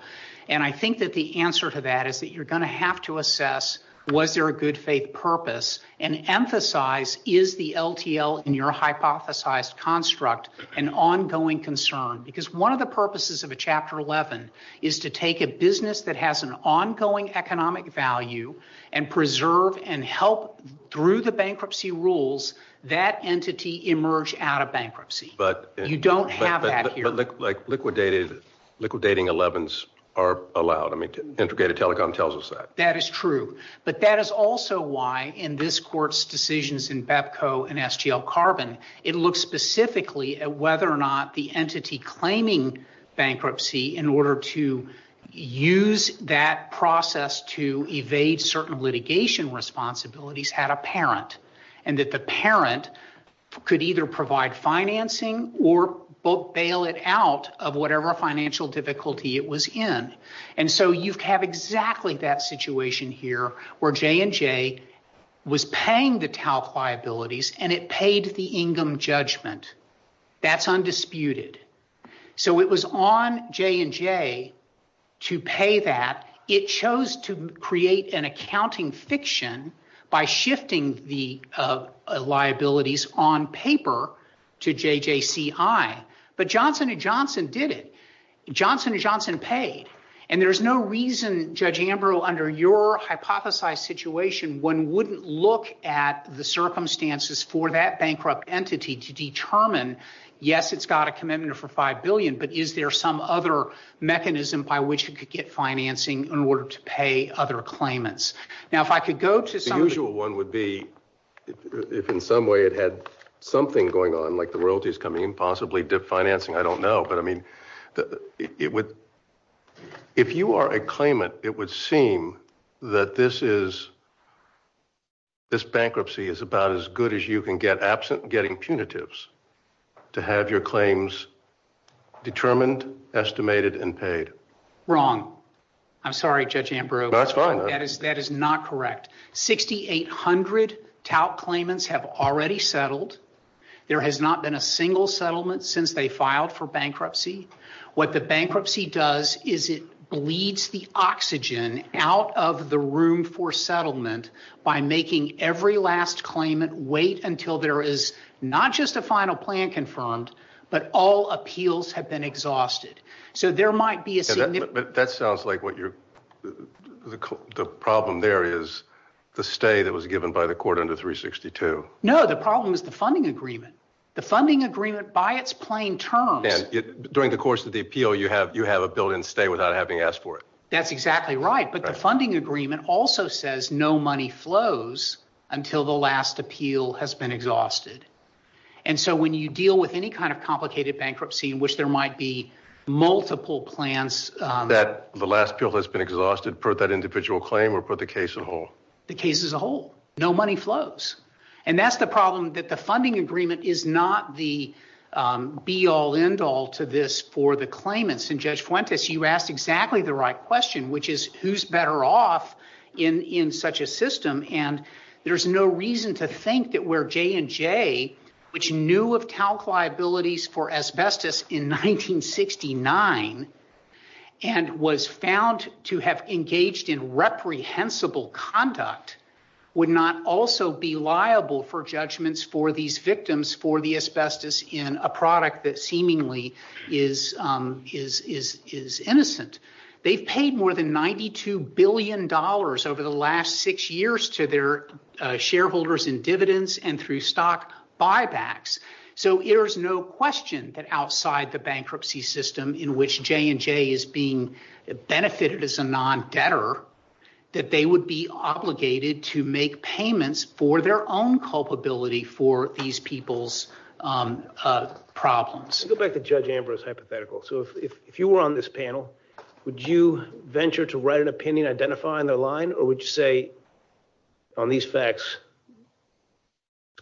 and I think that the answer to that is that you're going to have to assess Was there a good faith purpose and emphasize is the LTL in your hypothesized construct an ongoing concern because one of the purposes of a chapter 11 is to take a business that has an ongoing economic value and Preserve and help through the bankruptcy rules that entity emerge out of bankruptcy But you don't have that look like liquidated liquidating 11s are allowed Integrated telecom tells us that that is true But that is also why in this court's decisions in Bepco and SGL carbon it looks specifically at whether or not the entity claiming bankruptcy in order to Use that process to evade certain litigation Responsibilities had a parent and that the parent Could either provide financing or both bail it out of whatever financial Difficulty it was in and so you have exactly that situation here where J&J Was paying the TALC liabilities and it paid the Ingham judgment That's undisputed So it was on J&J to pay that it chose to create an accounting fiction by shifting the Liabilities on paper to JJC I but Johnson and Johnson did it Johnson and Johnson paid and there's no reason judge Ambrose under your Hypothesized situation one wouldn't look at the circumstances for that bankrupt entity to determine Yes, it's got a commitment for five billion But is there some other mechanism by which it could get financing in order to pay other? Claimants now if I could go to some usual one would be If in some way it had something going on like the royalties coming in possibly dip financing. I don't know but I mean it would If you are a claimant, it would seem that this is This bankruptcy is about as good as you can get absent getting punitives to have your claims Determined estimated and paid wrong. I'm sorry, Judge Ambrose. That's fine. That is that is not correct 6,800 TALC claimants have already settled There has not been a single settlement since they filed for bankruptcy What the bankruptcy does is it bleeds the oxygen out of the room for settlement? By making every last claimant wait until there is not just a final plan confirmed But all appeals have been exhausted. So there might be a that sounds like what you're The problem there is the state that was given by the court under 362 No The problem is the funding agreement the funding agreement by its plain term During the course of the appeal you have you have a bill in stay without having asked for it That's exactly right. But the funding agreement also says no money flows Until the last appeal has been exhausted and so when you deal with any kind of complicated bankruptcy in which there might be multiple plans That the last bill has been exhausted put that individual claim or put the case of all the cases a whole no money flows and that's the problem that the funding agreement is not the Be all end all to this for the claimants and Judge Fuentes you asked exactly the right question, which is who's better off in in such a system and There's no reason to think that we're J&J which knew of calc liabilities for asbestos in 1969 and Was found to have engaged in reprehensible conduct Would not also be liable for judgments for these victims for the asbestos in a product that seemingly is Is is is innocent they paid more than 92 billion dollars over the last six years to their shareholders in dividends and through stock Buybacks, so there's no question that outside the bankruptcy system in which J&J is being Benefited as a non-debtor that they would be obligated to make payments for their own culpability for these people's Problems go back to judge Ambrose hypothetical So if you were on this panel, would you venture to write an opinion identify on the line or would you say? On these facts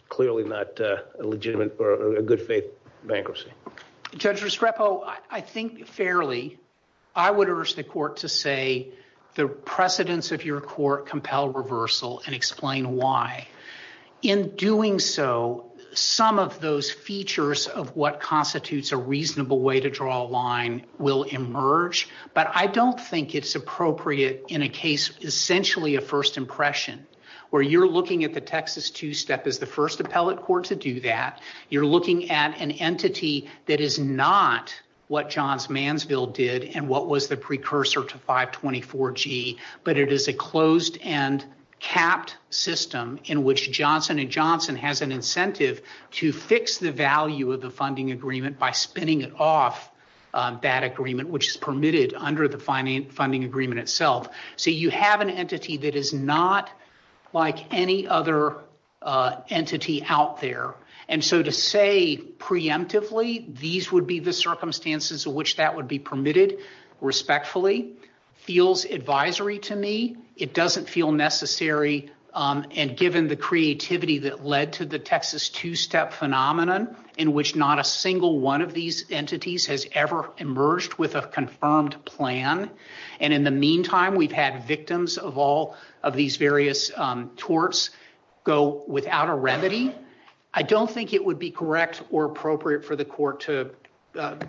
Clearly not a legitimate for a good faith bankruptcy Judge Restrepo, I think fairly I would urge the court to say the precedents of your court compel Reversal and explain why? in doing so Some of those features of what constitutes a reasonable way to draw a line will emerge But I don't think it's appropriate in a case Essentially a first impression where you're looking at the Texas two-step as the first appellate court to do that You're looking at an entity that is not what Johns Mansville did and what was the precursor to 524 G? But it is a closed and capped System in which Johnson and Johnson has an incentive to fix the value of the funding agreement by spinning it off That agreement which is permitted under the finding funding agreement itself. So you have an entity that is not like any other Entity out there. And so to say Preemptively, these would be the circumstances of which that would be permitted Respectfully feels advisory to me. It doesn't feel necessary And given the creativity that led to the Texas two-step Phenomenon in which not a single one of these entities has ever emerged with a confirmed plan and in the meantime We've had victims of all of these various Torts go without a remedy. I don't think it would be correct or appropriate for the court to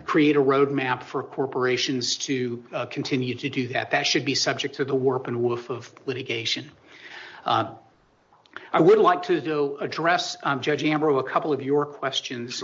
Create a roadmap for corporations to continue to do that. That should be subject to the warp and woof of litigation. I Questions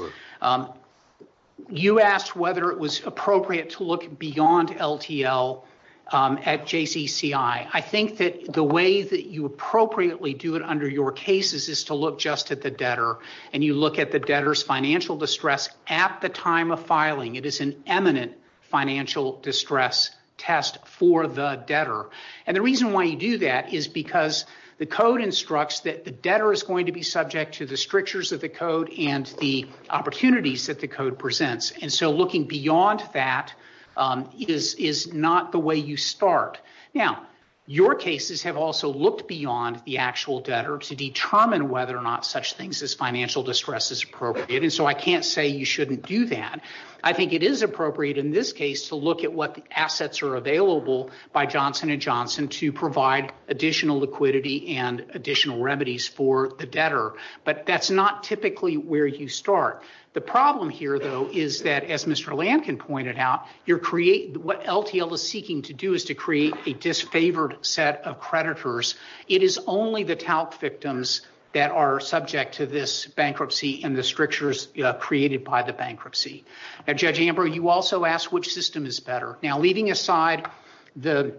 You asked whether it was appropriate to look beyond LTL At JCCI I think that the way that you Appropriately do it under your cases is to look just at the debtor and you look at the debtors Financial distress at the time of filing it is an eminent financial distress test for the debtor and the reason why you do that is because the code instructs that the debtor is going to be subject to the strictures of the code and the Opportunities that the code presents and so looking beyond that It is is not the way you start now Your cases have also looked beyond the actual debtor to determine whether or not such things as financial distress is appropriate And so I can't say you shouldn't do that I think it is appropriate in this case to look at what assets are available by Johnson & Johnson to provide Additional liquidity and additional remedies for the debtor, but that's not typically where you start the problem here Though is that as Mr. Lankin pointed out your create what LTL is seeking to do is to create a disfavored set of creditors It is only the talc victims that are subject to this bankruptcy and the strictures Created by the bankruptcy at Judge Amber. You also asked which system is better now leaving aside the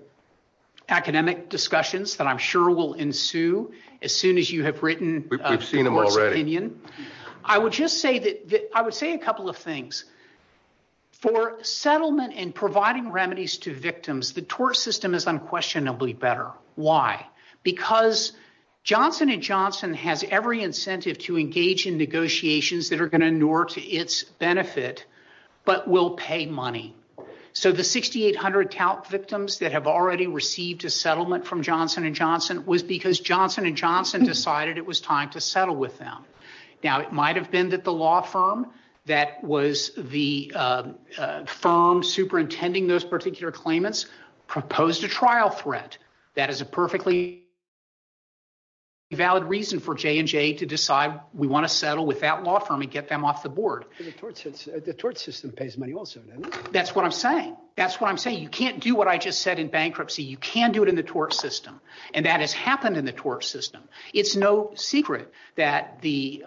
Academic discussions that I'm sure will ensue as soon as you have written Opinion, I would just say that I would say a couple of things for settlement and providing remedies to victims the tort system is unquestionably better why because Johnson & Johnson has every incentive to engage in negotiations that are going to in order to its benefit But will pay money So the 6,800 talc victims that have already received a settlement from Johnson & Johnson was because Johnson & Johnson Decided it was time to settle with them. Now. It might have been that the law firm that was the firm superintending those particular claimants proposed a trial threat that is a perfectly Valid reason for J&J to decide we want to settle with that law firm and get them off the board The tort system pays money also, that's what I'm saying. That's what I'm saying You can't do what I just said in bankruptcy. You can do it in the tort system and that has happened in the tort system it's no secret that the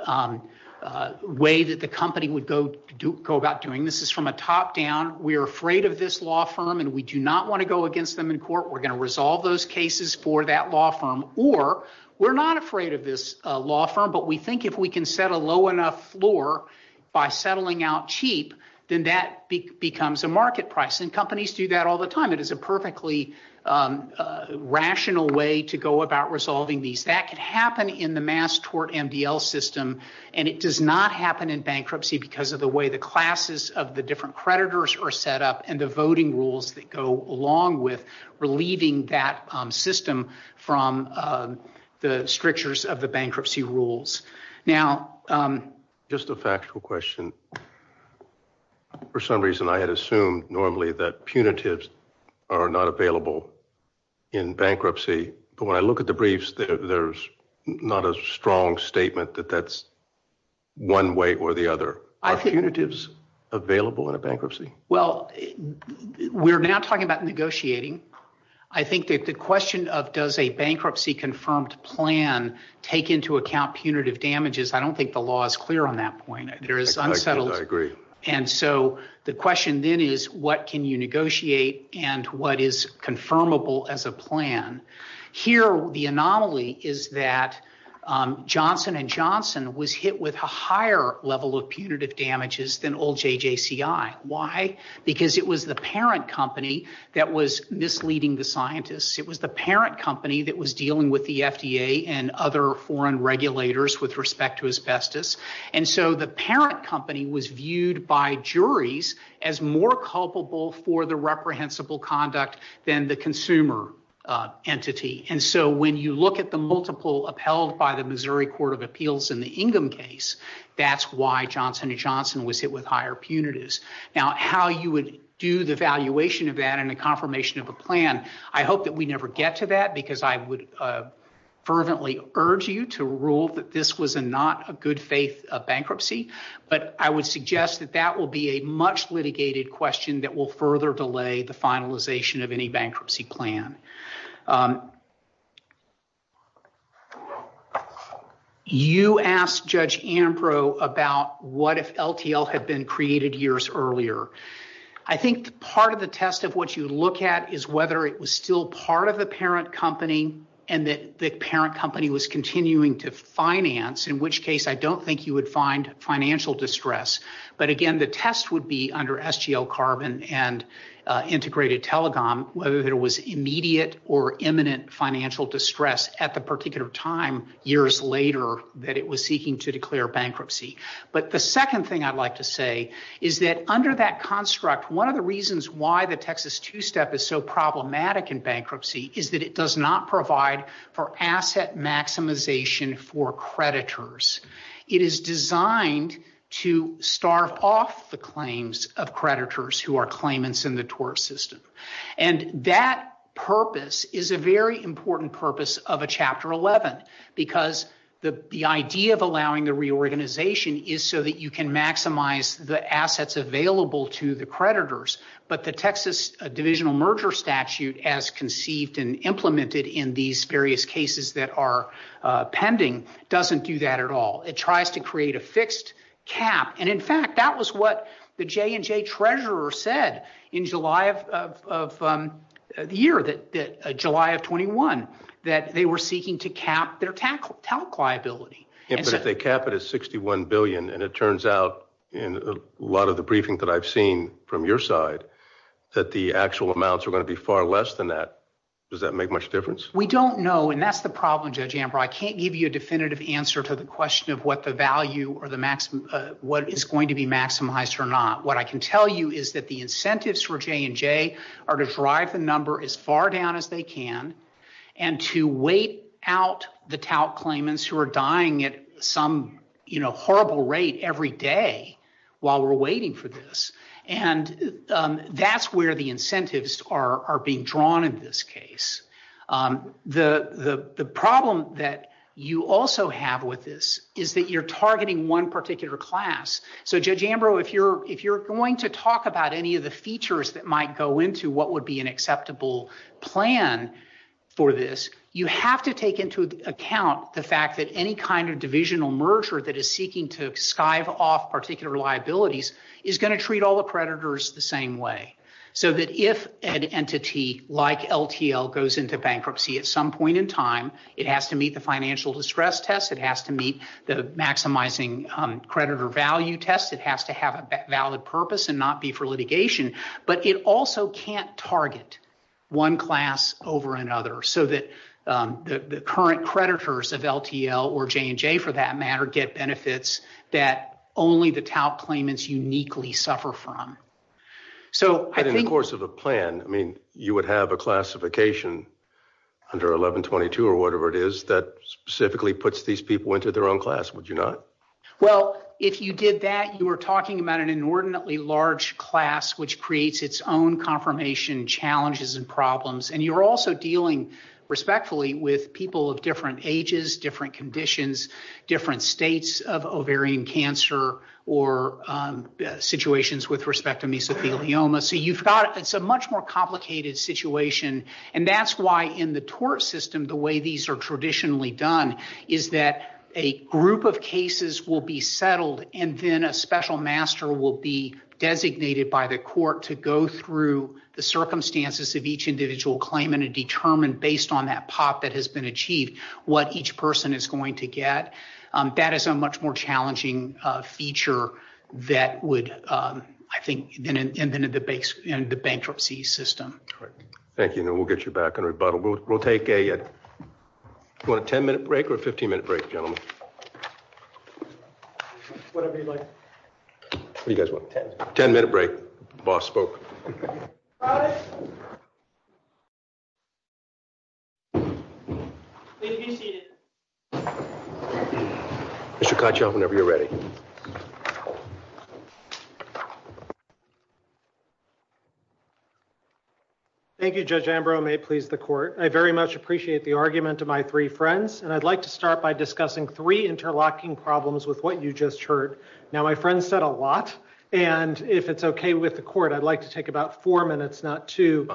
Way that the company would go do go about doing this is from a top-down We are afraid of this law firm and we do not want to go against them in court We're going to resolve those cases for that law firm or we're not afraid of this law firm But we think if we can set a low enough floor by settling out cheap Then that becomes a market price and companies do that all the time. It is a perfectly Rational way to go about resolving these that can happen in the mass tort MDL system and it does not happen in bankruptcy because of the way the Classes of the different creditors are set up and the voting rules that go along with relieving that system from The strictures of the bankruptcy rules now Just a factual question For some reason I had assumed normally that punitives are not available in Bankruptcy, but when I look at the briefs, there's not a strong statement that that's One way or the other I think it is available in a bankruptcy. Well We're not talking about negotiating I think that the question of does a bankruptcy confirmed plan Take into account punitive damages. I don't think the law is clear on that point. There is I agree. And so the question then is what can you negotiate and what is confirmable as a plan? here the anomaly is that Johnson and Johnson was hit with a higher level of punitive damages than old JJCI Why? Because it was the parent company that was misleading the scientists It was the parent company that was dealing with the FDA and other foreign regulators with respect to asbestos And so the parent company was viewed by juries as more culpable for the reprehensible conduct than the consumer Entity and so when you look at the multiple upheld by the Missouri Court of Appeals in the Ingham case That's why Johnson and Johnson was hit with higher punitives. Now how you would do the valuation of that and the confirmation of a plan. I hope that we never get to that because I would Fervently urge you to rule that this was a not a good faith of bankruptcy But I would suggest that that will be a much litigated question that will further delay the finalization of any bankruptcy plan. You asked Judge Ancro about what if LTL had been created years earlier. I think part of the test of what you look at is whether it was still part of the parent company and the parent company was continuing to finance, in which case I don't think you would find financial distress. But again, the test would be under SGL carbon and integrated telecom whether there was immediate or immediate Financial distress at the particular time years later that it was seeking to declare bankruptcy. But the second thing I'd like to say is that under that construct. One of the reasons why the Texas to step is so problematic and bankruptcy is that it does not provide for asset maximization for creditors. It is designed to starve off the claims of creditors who are claimants in the tort system. And that purpose is a very important purpose of a chapter 11 because the idea of allowing the reorganization is so that you can maximize the assets available to the creditors, but the Texas divisional merger statute as conceived and implemented in these various cases that are Pending doesn't do that at all. It tries to create a fixed cap. And in fact, that was what the J and J treasurer said in July of the year that July of 21 that they were seeking to cap their tackle liability. If they cap it is 61 billion and it turns out in a lot of the briefing that I've seen from your side that the actual amounts are going to be far less than that. Does that make much difference? We don't know. And that's the problem. Judge Amber, I can't give you a definitive answer to the question of what the value or the maximum what is going to be maximized or not. What I can tell you is that the incentives for J and J are to drive the number as far down as they can and to wait out the tout claimants who are dying at some horrible rate every day while we're waiting for this. And that's where the incentives are being drawn in this case. The problem that you also have with this is that you're targeting one particular class. So, Judge Amber, if you're if you're going to talk about any of the features that might go into what would be an acceptable plan. For this, you have to take into account the fact that any kind of divisional merger that is seeking to skive off particular liabilities. Is going to treat all the creditors the same way. So that if an entity like LTL goes into bankruptcy at some point in time, it has to meet the financial distress test. It has to meet the maximizing creditor value test. It has to have a valid purpose and not be for litigation, but it also can't target one class over another. So that the current creditors of LTL or J and J, for that matter, get benefits that only the tout claimants uniquely suffer from. So, in the course of a plan, I mean, you would have a classification under 1122 or whatever it is that specifically puts these people into their own class. Would you not? Well, if you did that, you were talking about an inordinately large class, which creates its own confirmation challenges and problems. And you're also dealing respectfully with people of different ages, different conditions, different states of ovarian cancer or situations with respect to me. So you've got it's a much more complicated situation and that's why in the tort system, the way these are traditionally done is that a group of cases will be settled and then a special master will be designated by the court to go through the circumstances of each individual claim and determine based on that pop that has been achieved what each person is going to get. That is a much more challenging feature that would, I think, in the bankruptcy system. Thank you. And we'll get you back in a rebuttal. We'll take a 10 minute break or a 15 minute break. Gentlemen. You guys want a 10 minute break? Boss spoke. Chicago, whenever you're ready. Thank you. Judge Ambrose may please the court. I very much appreciate the argument of my 3 friends and I'd like to start by discussing 3 interlocking problems with what you just heard. Now, my friend said a lot. And if it's okay with the court, I'd like to take about 4 minutes, not to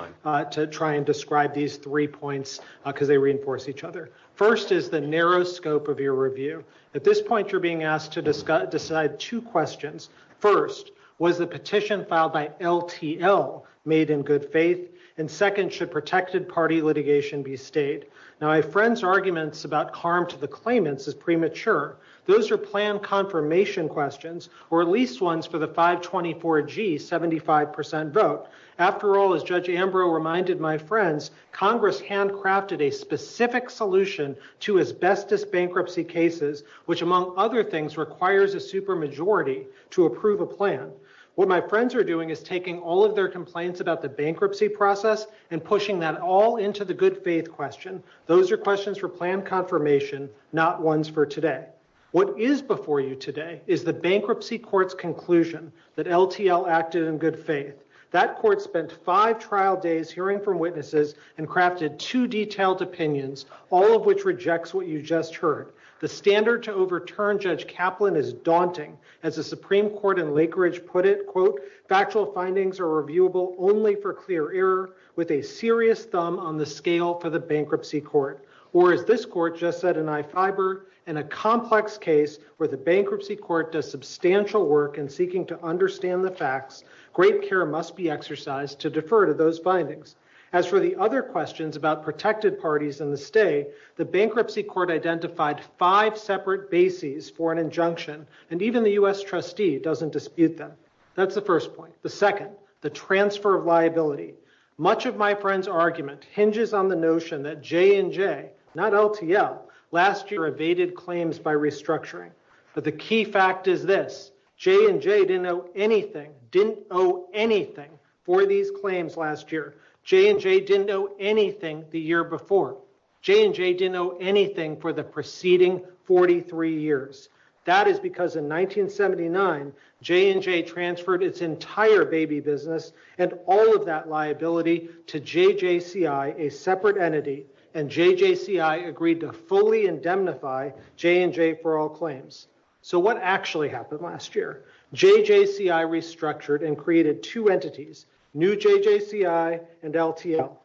to try and describe these 3 points because they reinforce each other. First is the narrow scope of your review. At this point, you're being asked to discuss decide 2 questions. First, was the petition filed by LTL made in good faith and second should protected party litigation be stayed. Now, my friend's arguments about harm to the claimants is premature. Those are planned confirmation questions or at least ones for the 524 G 75% vote. After all, as Judge Ambrose reminded my friends Congress handcrafted a specific solution to asbestos bankruptcy cases, which, among other things, requires a super majority to approve a plan. What my friends are doing is taking all of their complaints about the bankruptcy process and pushing that all into the good faith question. Those are questions for plan confirmation, not ones for today. What is before you today is the bankruptcy court's conclusion that LTL acted in good faith. That court spent 5 trial days hearing from witnesses and crafted 2 detailed opinions, all of which rejects what you just heard. The standard to overturn Judge Kaplan is daunting. As the Supreme Court in Lakeridge put it, quote, factual findings are reviewable only for clear error with a serious thumb on the scale for the bankruptcy court. Or, as this court just said in iFiber, in a complex case where the bankruptcy court does substantial work in seeking to understand the facts, great care must be exercised to defer to those findings. As for the other questions about protected parties and the stay, the bankruptcy court identified five separate bases for an injunction and even the US trustee doesn't dispute them. That's the first point. The second, the transfer of liability. Much of my friends argument hinges on the notion that J&J, not LTL, last year evaded claims by restructuring. But the key fact is this, J&J didn't owe anything, didn't owe anything for these claims last year. J&J didn't owe anything the year before. J&J didn't owe anything for the preceding 43 years. That is because in 1979, J&J transferred its entire baby business and all of that liability to JJCI, a separate entity, and JJCI agreed to fully indemnify J&J for all claims. So what actually happened last year? JJCI restructured and created two entities, new JJCI and LTL.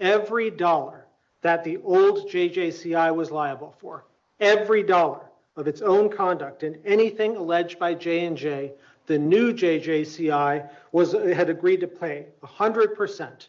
Every dollar that the old JJCI was liable for, every dollar of its own conduct in anything alleged by J&J, the new JJCI had agreed to pay 100%.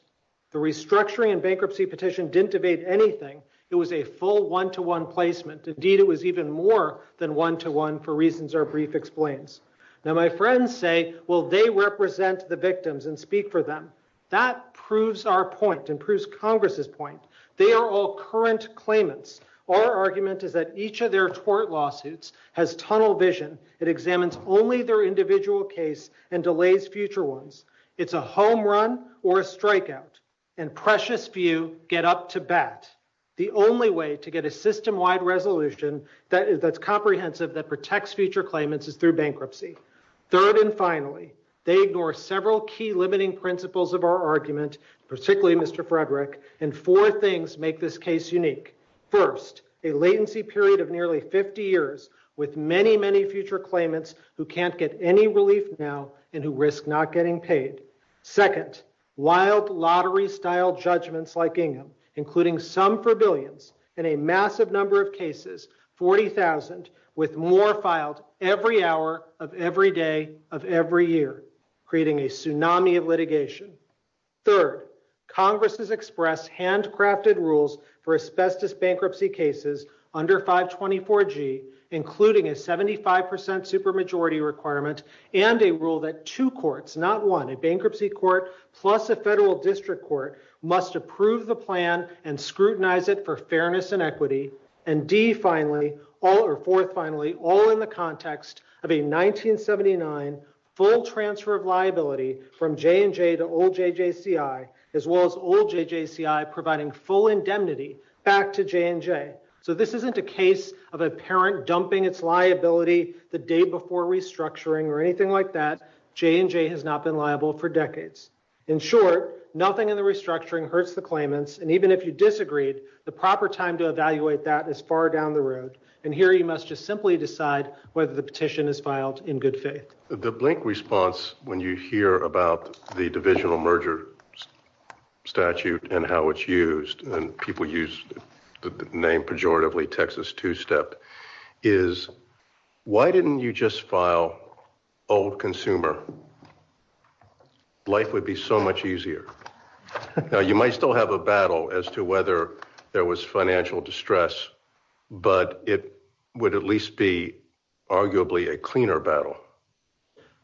The restructuring and bankruptcy petition didn't evade anything. It was a full one-to-one placement. Indeed, it was even more than one-to-one for reasons our brief explains. Now, my friends say, well, they represent the victims and speak for them. That proves our point and proves Congress's point. They are all current claimants. Our argument is that each of their court lawsuits has tunnel vision. It examines only their individual case and delays future ones. It's a home run or a strikeout, and precious few get up to bat. The only way to get a system-wide resolution that's comprehensive that protects future claimants is through bankruptcy. Third and finally, they ignore several key limiting principles of our argument, particularly Mr. Frederick, and four things make this case unique. First, a latency period of nearly 50 years with many, many future claimants who can't get any relief now and who risk not getting paid. Second, wild lottery-style judgments like Ingham, including some for billions and a massive number of cases, 40,000, with more files every hour of every day of every year, creating a tsunami of litigation. Third, Congress has expressed handcrafted rules for asbestos bankruptcy cases under 524G, including a 75% supermajority requirement and a rule that two courts, not one, a bankruptcy court plus a federal district court, must approve the plan and scrutinize it for fairness and equity. And D, finally, or fourth, finally, all in the context of a 1979 full transfer of liability from J&J to old JJCI, as well as old JJCI providing full indemnity back to J&J. So this isn't a case of a parent dumping its liability the day before restructuring or anything like that. J&J has not been liable for decades. In short, nothing in the restructuring hurts the claimants, and even if you disagreed, the proper time to evaluate that is far down the road. And here you must just simply decide whether the petition is filed in good faith. The blink response when you hear about the divisional merger statute and how it's used, and people use the name pejoratively Texas Two-Step, is why didn't you just file old consumer? Life would be so much easier. You might still have a battle as to whether there was financial distress, but it would at least be arguably a cleaner battle.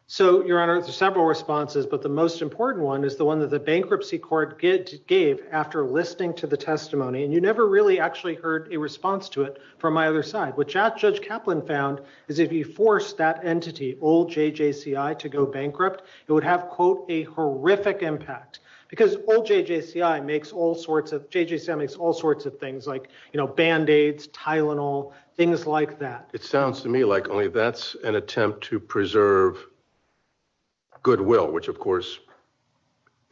So, Your Honor, several responses, but the most important one is the one that the bankruptcy court gave after listening to the testimony. And you never really actually heard a response to it from my other side. What Judge Kaplan found is if you force that entity, old JJCI, to go bankrupt, it would have, quote, a horrific impact because old JJCI makes all sorts of JJCI makes all sorts of things like, you know, Band-Aids, Tylenol, things like that. It sounds to me like only that's an attempt to preserve goodwill, which, of course,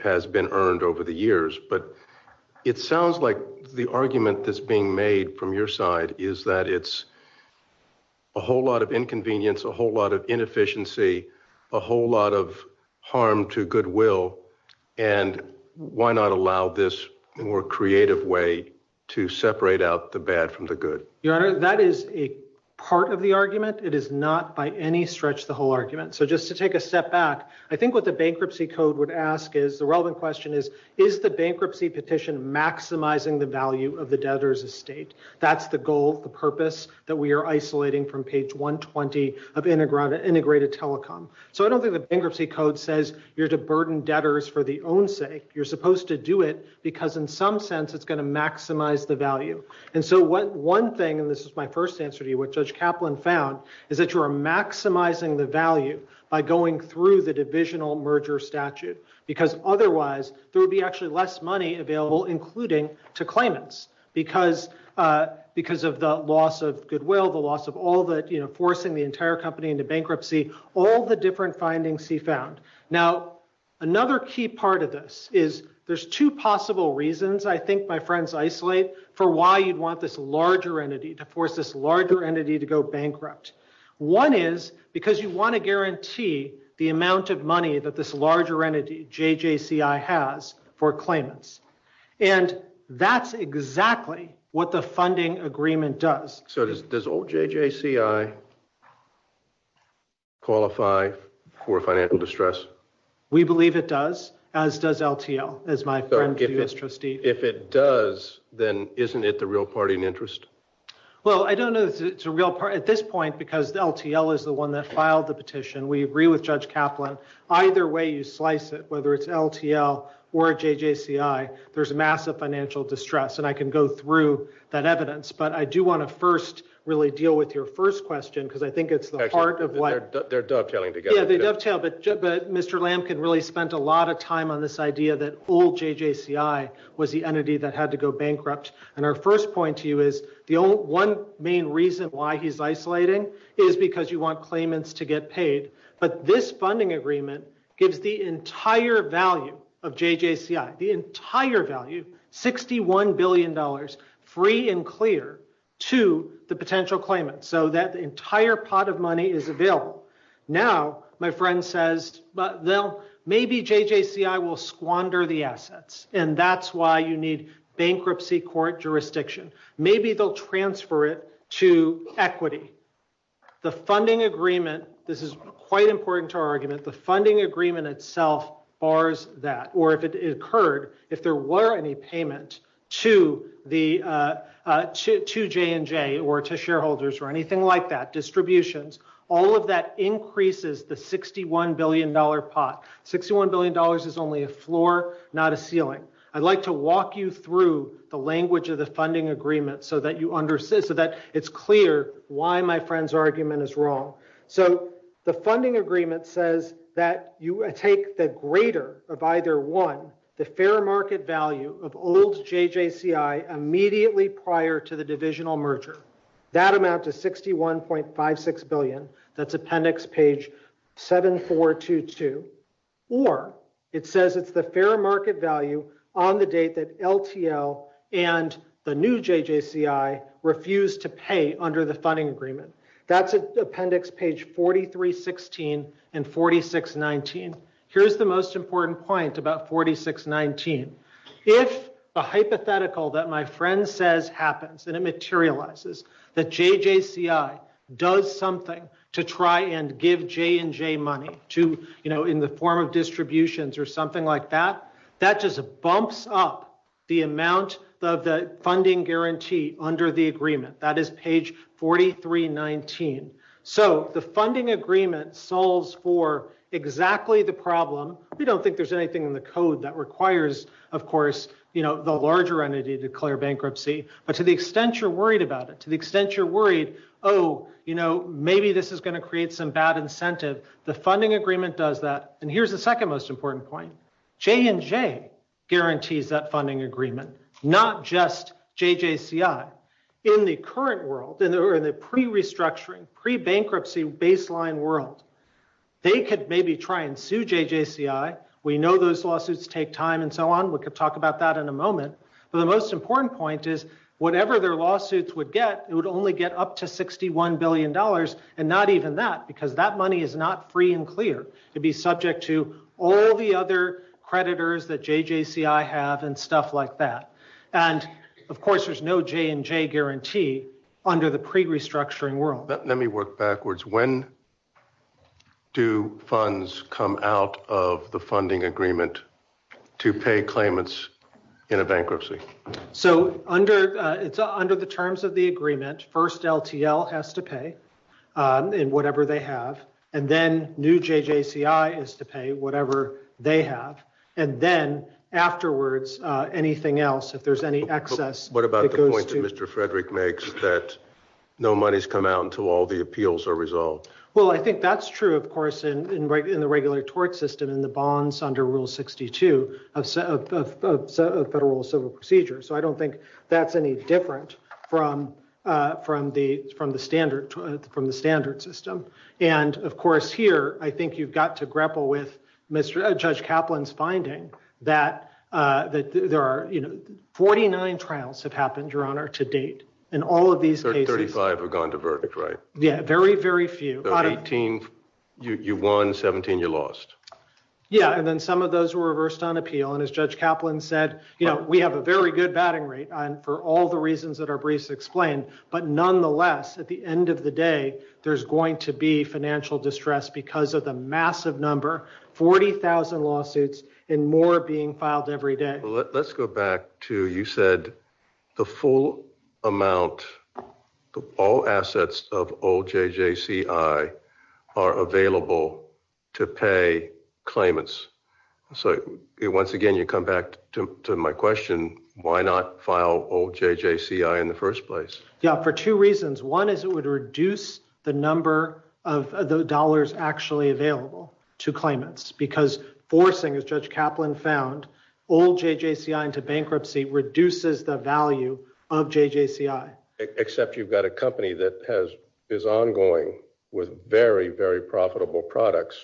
has been earned over the years. But it sounds like the argument that's being made from your side is that it's a whole lot of inconvenience, a whole lot of inefficiency, a whole lot of harm to goodwill. And why not allow this more creative way to separate out the bad from the good? Your Honor, that is a part of the argument. It is not by any stretch the whole argument. So, just to take a step back, I think what the bankruptcy code would ask is, the relevant question is, is the bankruptcy petition maximizing the value of the debtor's estate? That's the goal, the purpose that we are isolating from page 120 of integrated telecom. So, I don't think the bankruptcy code says you're to burden debtors for the own sake. You're supposed to do it because, in some sense, it's going to maximize the value. And so, one thing, and this is my first answer to you, what Judge Kaplan found is that you are maximizing the value by going through the divisional merger statute. Because, otherwise, there would be actually less money available, including to claimants. Because of the loss of goodwill, the loss of all that, you know, forcing the entire company into bankruptcy, all the different findings he found. Now, another key part of this is, there's two possible reasons, I think my friends isolate, for why you'd want this larger entity, to force this larger entity to go bankrupt. One is, because you want to guarantee the amount of money that this larger entity, JJCI, has for claimants. And that's exactly what the funding agreement does. So, does old JJCI qualify for financial distress? We believe it does, as does LTL, as my friends do as trustees. If it does, then isn't it the real party in interest? Well, I don't know if it's a real party at this point, because LTL is the one that filed the petition. We agree with Judge Kaplan. Either way you slice it, whether it's LTL or JJCI, there's massive financial distress. And I can go through that evidence. But I do want to first really deal with your first question, because I think it's the heart of life. They're dovetailing together. But Mr. Lamkin really spent a lot of time on this idea that old JJCI was the entity that had to go bankrupt. And our first point to you is, the one main reason why he's isolating is because you want claimants to get paid. But this funding agreement gives the entire value of JJCI, the entire value, $61 billion, free and clear to the potential claimant. So that entire pot of money is available. Now, my friend says, well, maybe JJCI will squander the assets. And that's why you need bankruptcy court jurisdiction. Maybe they'll transfer it to equity. The funding agreement, this is quite important to our argument. The funding agreement itself bars that. Or if it occurred, if there were any payment to J&J or to shareholders or anything like that, distributions, all of that increases the $61 billion pot. $61 billion is only a floor, not a ceiling. I'd like to walk you through the language of the funding agreement so that it's clear why my friend's argument is wrong. So the funding agreement says that you take the greater of either one, the fair market value of old JJCI immediately prior to the divisional merger. That amounts to $61.56 billion. That's appendix page 7422. Or it says it's the fair market value on the date that LTL and the new JJCI refused to pay under the funding agreement. That's appendix page 4316 and 4619. Here's the most important point about 4619. If a hypothetical that my friend says happens and it materializes, that JJCI does something to try and give J&J money to, you know, in the form of distributions or something like that, that just bumps up the amount of the funding guarantee under the agreement. That is page 4319. So the funding agreement solves for exactly the problem. We don't think there's anything in the code that requires, of course, you know, the larger entity to declare bankruptcy. But to the extent you're worried about it, to the extent you're worried, oh, you know, maybe this is going to create some bad incentive, the funding agreement does that. And here's the second most important point. J&J guarantees that funding agreement, not just JJCI. In the current world, in the pre-restructuring, pre-bankruptcy baseline world, they could maybe try and sue JJCI. We know those lawsuits take time and so on. We could talk about that in a moment. But the most important point is whatever their lawsuits would get, it would only get up to $61 billion and not even that, because that money is not free and clear. It'd be subject to all the other creditors that JJCI have and stuff like that. And of course, there's no J&J guarantee under the pre-restructuring world. Let me work backwards. When do funds come out of the funding agreement to pay claimants in a bankruptcy? So under the terms of the agreement, first LTL has to pay in whatever they have. And then new JJCI is to pay whatever they have. And then afterwards, anything else, if there's any excess. What about the point that Mr. Frederick makes that no money's come out until all the appeals are resolved? Well, I think that's true, of course, in the regular tort system, in the bonds under Rule 62 of Federal Civil Procedure. So I don't think that's any different from the standard system. And of course, here, I think you've got to grapple with Judge Kaplan's finding that there are 49 trials have happened, Your Honor, to date. And all of these cases- 35 have gone to verdict, right? Yeah, very, very few. So 18, you won, 17, you lost. Yeah, and then some of those were reversed on appeal. And as Judge Kaplan said, we have a very good batting rate for all the reasons that are briefly explained. But nonetheless, at the end of the day, there's going to be financial distress because of the massive number, 40,000 lawsuits and more being filed every day. Let's go back to, you said, the full amount, all assets of old JJCI are available to pay claimants. So once again, you come back to my question, why not file old JJCI in the first place? For two reasons. One is it would reduce the number of dollars actually available to claimants because forcing, as Judge Kaplan found, old JJCI into bankruptcy reduces the value of JJCI. Except you've got a company that is ongoing with very, very profitable products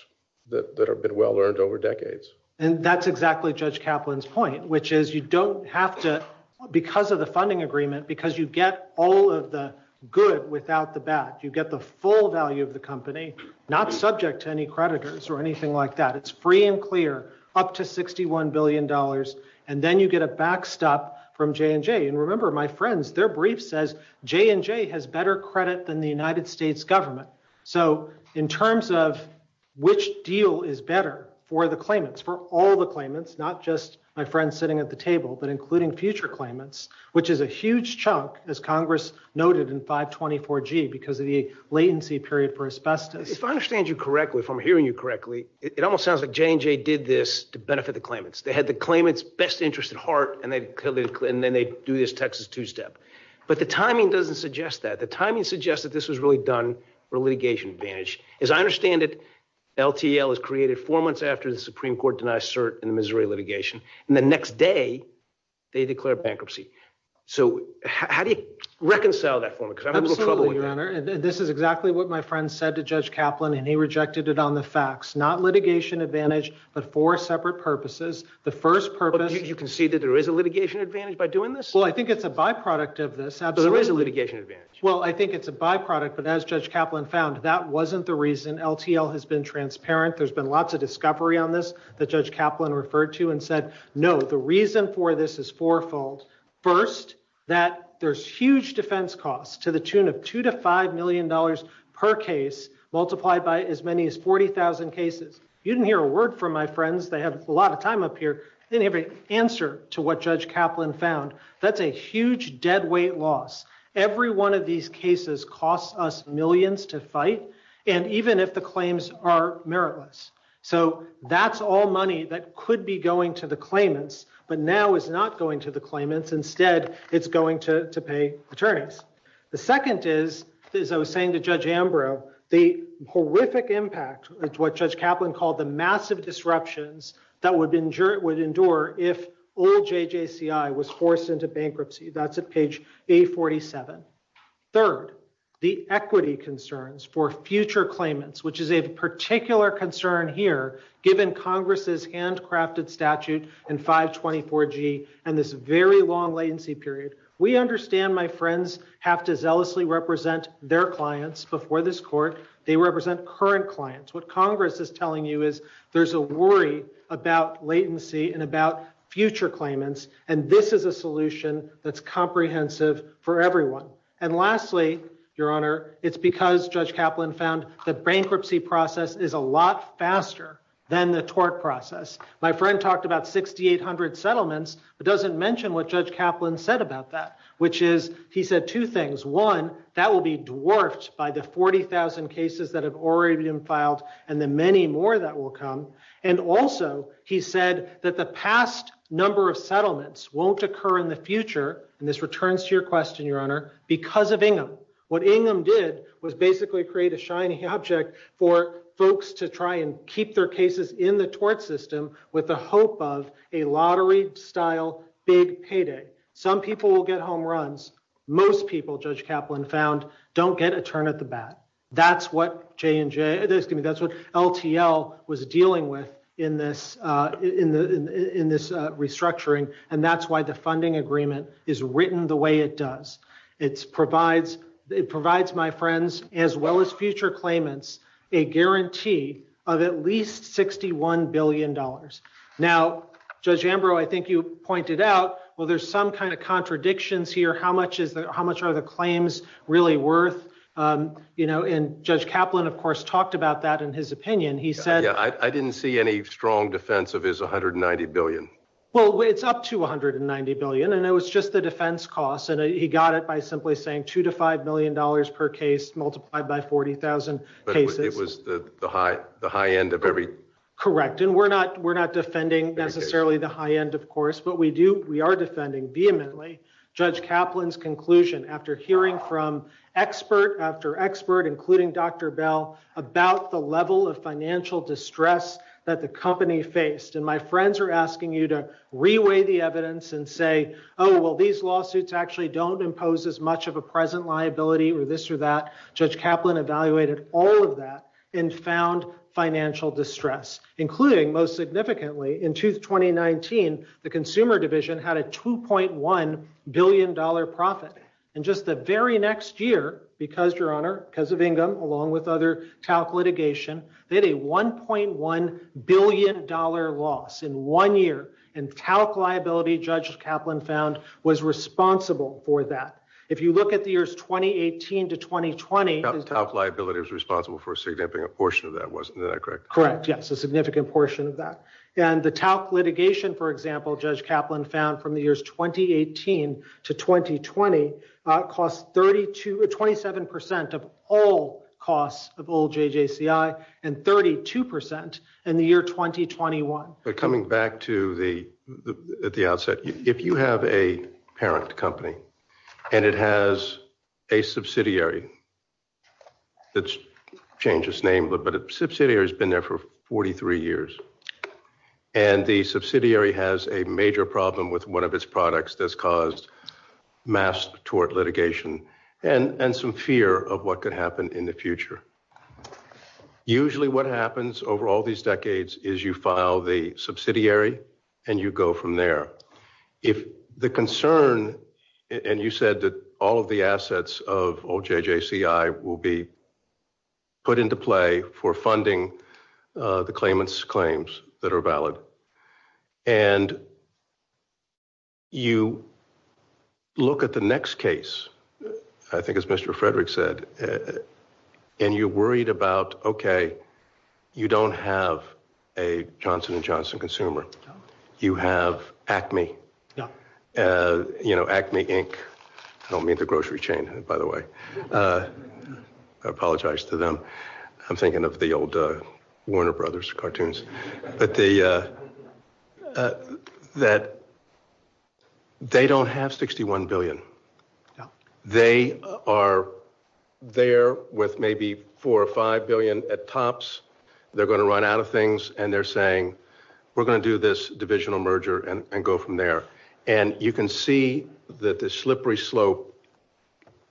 that have been well-earned over decades. And that's exactly Judge Kaplan's point, which is you don't have to, because of the funding agreement, because you get all of the good without the bad. You get the full value of the company, not subject to any creditors or anything like that. It's free and clear, up to $61 billion. And then you get a backstop from J&J. And remember, my friends, their brief says J&J has better credit than the United States government. So in terms of which deal is better for the claimants, for all the claimants, not just my friends sitting at the table, but including future claimants, which is a huge chunk, as Congress noted, in 524G because of the latency period for asbestos. If I understand you correctly, if I'm hearing you correctly, it almost sounds like J&J did this to benefit the claimants. They had the claimants' best interest at heart, and then they do this Texas two-step. But the timing doesn't suggest that. The timing suggests that this was really done for litigation advantage. As I understand it, LTL was created four months after the Supreme Court denied cert in the Missouri litigation. And the next day, they declared bankruptcy. So how do you reconcile that for me? Because I'm having a little trouble with that. Absolutely, Leonard. This is exactly what my friend said to Judge Kaplan, and he rejected it on the facts. Not litigation advantage, but four separate purposes. The first purpose- You concede that there is a litigation advantage by doing this? Well, I think it's a byproduct of this. There is a litigation advantage. Well, I think it's a byproduct, but as Judge Kaplan found, that wasn't the reason. LTL has been transparent. There's been lots of discovery on this that Judge Kaplan referred to and said, no, the reason for this is fourfold. First, that there's huge defense costs to the tune of $2 to $5 million per case, multiplied by as many as 40,000 cases. You didn't hear a word from my friends. They have a lot of time up here. They didn't have an answer to what Judge Kaplan found. That's a huge deadweight loss. Every one of these cases costs us millions to fight, and even if the claims are meritless. That's all money that could be going to the claimants, but now it's not going to the claimants. Instead, it's going to pay attorneys. The second is, as I was saying to Judge Ambrose, the horrific impact of what Judge Kaplan called the massive disruptions that would endure if all JJCI was forced into bankruptcy. That's at page 847. Third, the equity concerns for future claimants, which is a particular concern here, given Congress's handcrafted statute in 524G and this very long latency period. We understand my friends have to zealously represent their clients before this court. They represent current clients. What Congress is telling you is, there's a worry about latency and about future claimants, and this is a solution that's comprehensive for everyone. Lastly, Your Honor, it's because Judge Kaplan found the bankruptcy process is a lot faster than the tort process. My friend talked about 6,800 settlements, but doesn't mention what Judge Kaplan said about that, which is, he said two things. One, that will be dwarfed by the 40,000 cases that have already been filed and the many more that will come. Also, he said that the past number of settlements won't occur in the future, and this returns to your question, Your Honor, because of Ingham. What Ingham did was basically create a shiny object for folks to try and keep their cases in the tort system with the hope of a lottery-style big payday. Some people will get home runs. Most people, Judge Kaplan found, don't get a turn at the bat. That's what LTL was dealing with in this restructuring, and that's why the funding agreement is written the way it does. It provides my friends, as well as future claimants, a guarantee of at least $61 billion. Now, Judge Ambrose, I think you pointed out, well, there's some kind of contradictions here. How much are the claims really worth? And Judge Kaplan, of course, talked about that in his opinion. He said- I didn't see any strong defense of his $190 billion. Well, it's up to $190 billion, and it was just the defense costs, and he got it by simply saying $2 to $5 million per case multiplied by 40,000 cases. It was the high end of every- Correct, and we're not defending necessarily the high end, of course, but we are defending vehemently Judge Kaplan's conclusion after hearing from expert after expert, including Dr. Bell, about the level of financial distress that the company faced, and my friends are asking you to reweigh the evidence and say, oh, well, these lawsuits actually don't impose as much of a present liability or this or that. Judge Kaplan evaluated all of that and found financial distress, including, most significantly, in 2019, the consumer division had a $2.1 billion profit. And just the very next year, because, Your Honor, because of Ingram, along with other TALC litigation, they had a $1.1 billion loss in one year, and TALC liability, Judge Kaplan found, was responsible for that. If you look at the years 2018 to 2020- TALC liability was responsible for a significant portion of that, wasn't that correct? Correct, yes, a significant portion of that. And the TALC litigation, for example, Judge Kaplan found, from the years 2018 to 2020, cost 27% of all costs of all JJCI and 32% in the year 2021. Coming back to the outset, if you have a parent company and it has a subsidiary, let's change its name, but a subsidiary has been there for 43 years, and the subsidiary has a major problem with one of its products that's caused mass tort litigation and some fear of what could happen in the future. Usually what happens over all these decades is you file the subsidiary and you go from there. If the concern, and you said that all of the assets of old JJCI will be put into play for funding the claimants' claims that are valid, and you look at the next case, I think as Mr. Frederick said, and you're worried about, okay, you don't have a Johnson & Johnson consumer, you have Acme. You know, Acme, Inc. I don't mean the grocery chain, by the way. I apologize to them. I'm thinking of the old Warner Brothers cartoons. That they don't have $61 billion. They are there with maybe $4 or $5 billion at tops. They're going to run out of things, and they're saying, we're going to do this divisional merger and go from there. And you can see that this slippery slope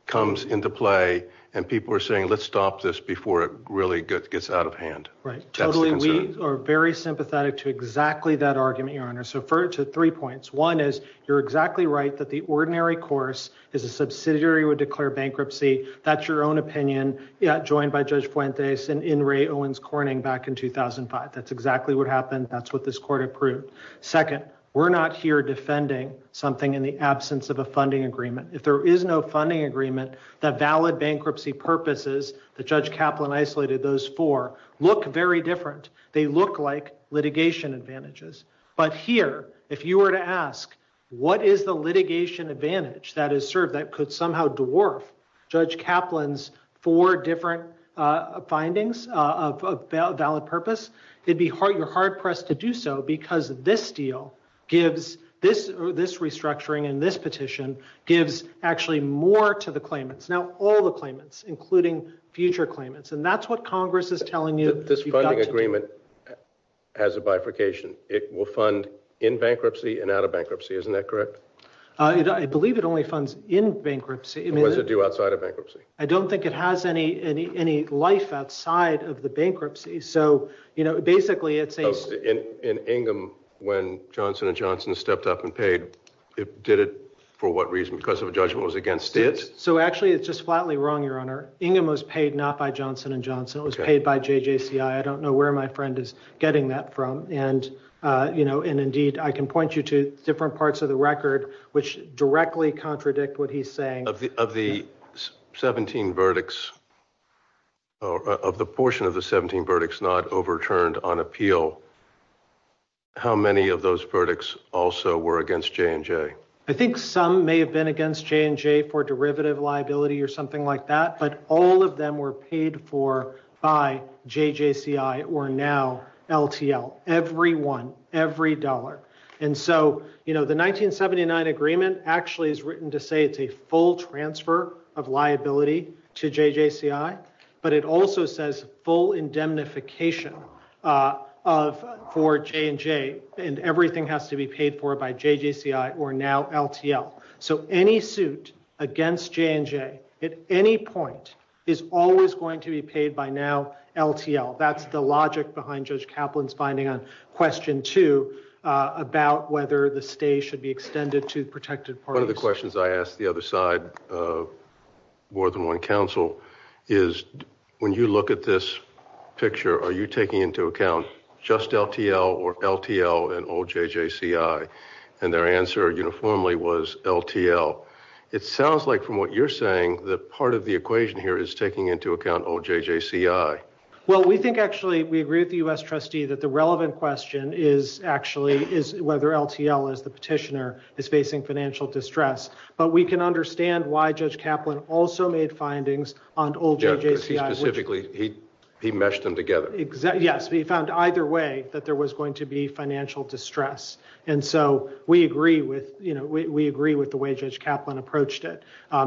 comes into play, and people are saying, let's stop this before it really gets out of hand. Right. Totally. We are very sympathetic to exactly that argument, your honor. So refer it to three points. One is you're exactly right that the ordinary course is a subsidiary would declare bankruptcy. That's your own opinion, joined by Judge Fuentes and Ray Owens Corning back in 2005. That's exactly what happened. That's what this court approved. Second, we're not here defending something in the absence of a funding agreement. If there is no funding agreement, the valid bankruptcy purposes that Judge Kaplan isolated those for look very different. They look like litigation advantages. But here, if you were to ask, what is the litigation advantage that is served that could somehow dwarf Judge Kaplan's four different findings of valid purpose? You're hard-pressed to do so because this deal gives this restructuring and this petition gives actually more to the claimants. Now, all the claimants, including future claimants. And that's what Congress is telling you. This funding agreement has a bifurcation. It will fund in bankruptcy and out of bankruptcy. Isn't that correct? I believe it only funds in bankruptcy. What does it do outside of bankruptcy? I don't think it has any life outside of the bankruptcy. So basically, it's a... In Ingham, when Johnson & Johnson stepped up and paid, it did it for what reason? Because of a judgment was against it? So actually, it's just flatly wrong, Your Honor. Ingham was paid not by Johnson & Johnson. It was paid by JJCI. I don't know where my friend is getting that from. And indeed, I can point you to different parts of the record, which directly contradict what he's saying. Of the 17 verdicts, of the portion of the 17 verdicts not overturned on appeal, how many of those verdicts also were against J&J? I think some may have been against J&J for derivative liability or something like that. But all of them were paid for by JJCI or now LTL. Every one, every dollar. And so, you know, the 1979 agreement actually is written to say it's a full transfer of liability to JJCI. But it also says full indemnification for J&J. And everything has to be paid for by JJCI or now LTL. So any suit against J&J at any point is always going to be paid by now LTL. That's the logic behind Judge Kaplan's finding on question two about whether the stay should be extended to protected parties. One of the questions I asked the other side of more than one counsel is when you look at this picture, are you taking into account just LTL or LTL and all JJCI? And their answer uniformly was LTL. It sounds like from what you're saying that part of the equation here is taking into account old JJCI. Well, we think actually we agree with the U.S. trustee that the relevant question is actually is whether LTL as the petitioner is facing financial distress. But we can understand why Judge Kaplan also made findings on old JJCI. Specifically, he meshed them together. Yes, he found either way that there was going to be financial distress. And so we agree with, you know, we agree with the way Judge Kaplan approached it.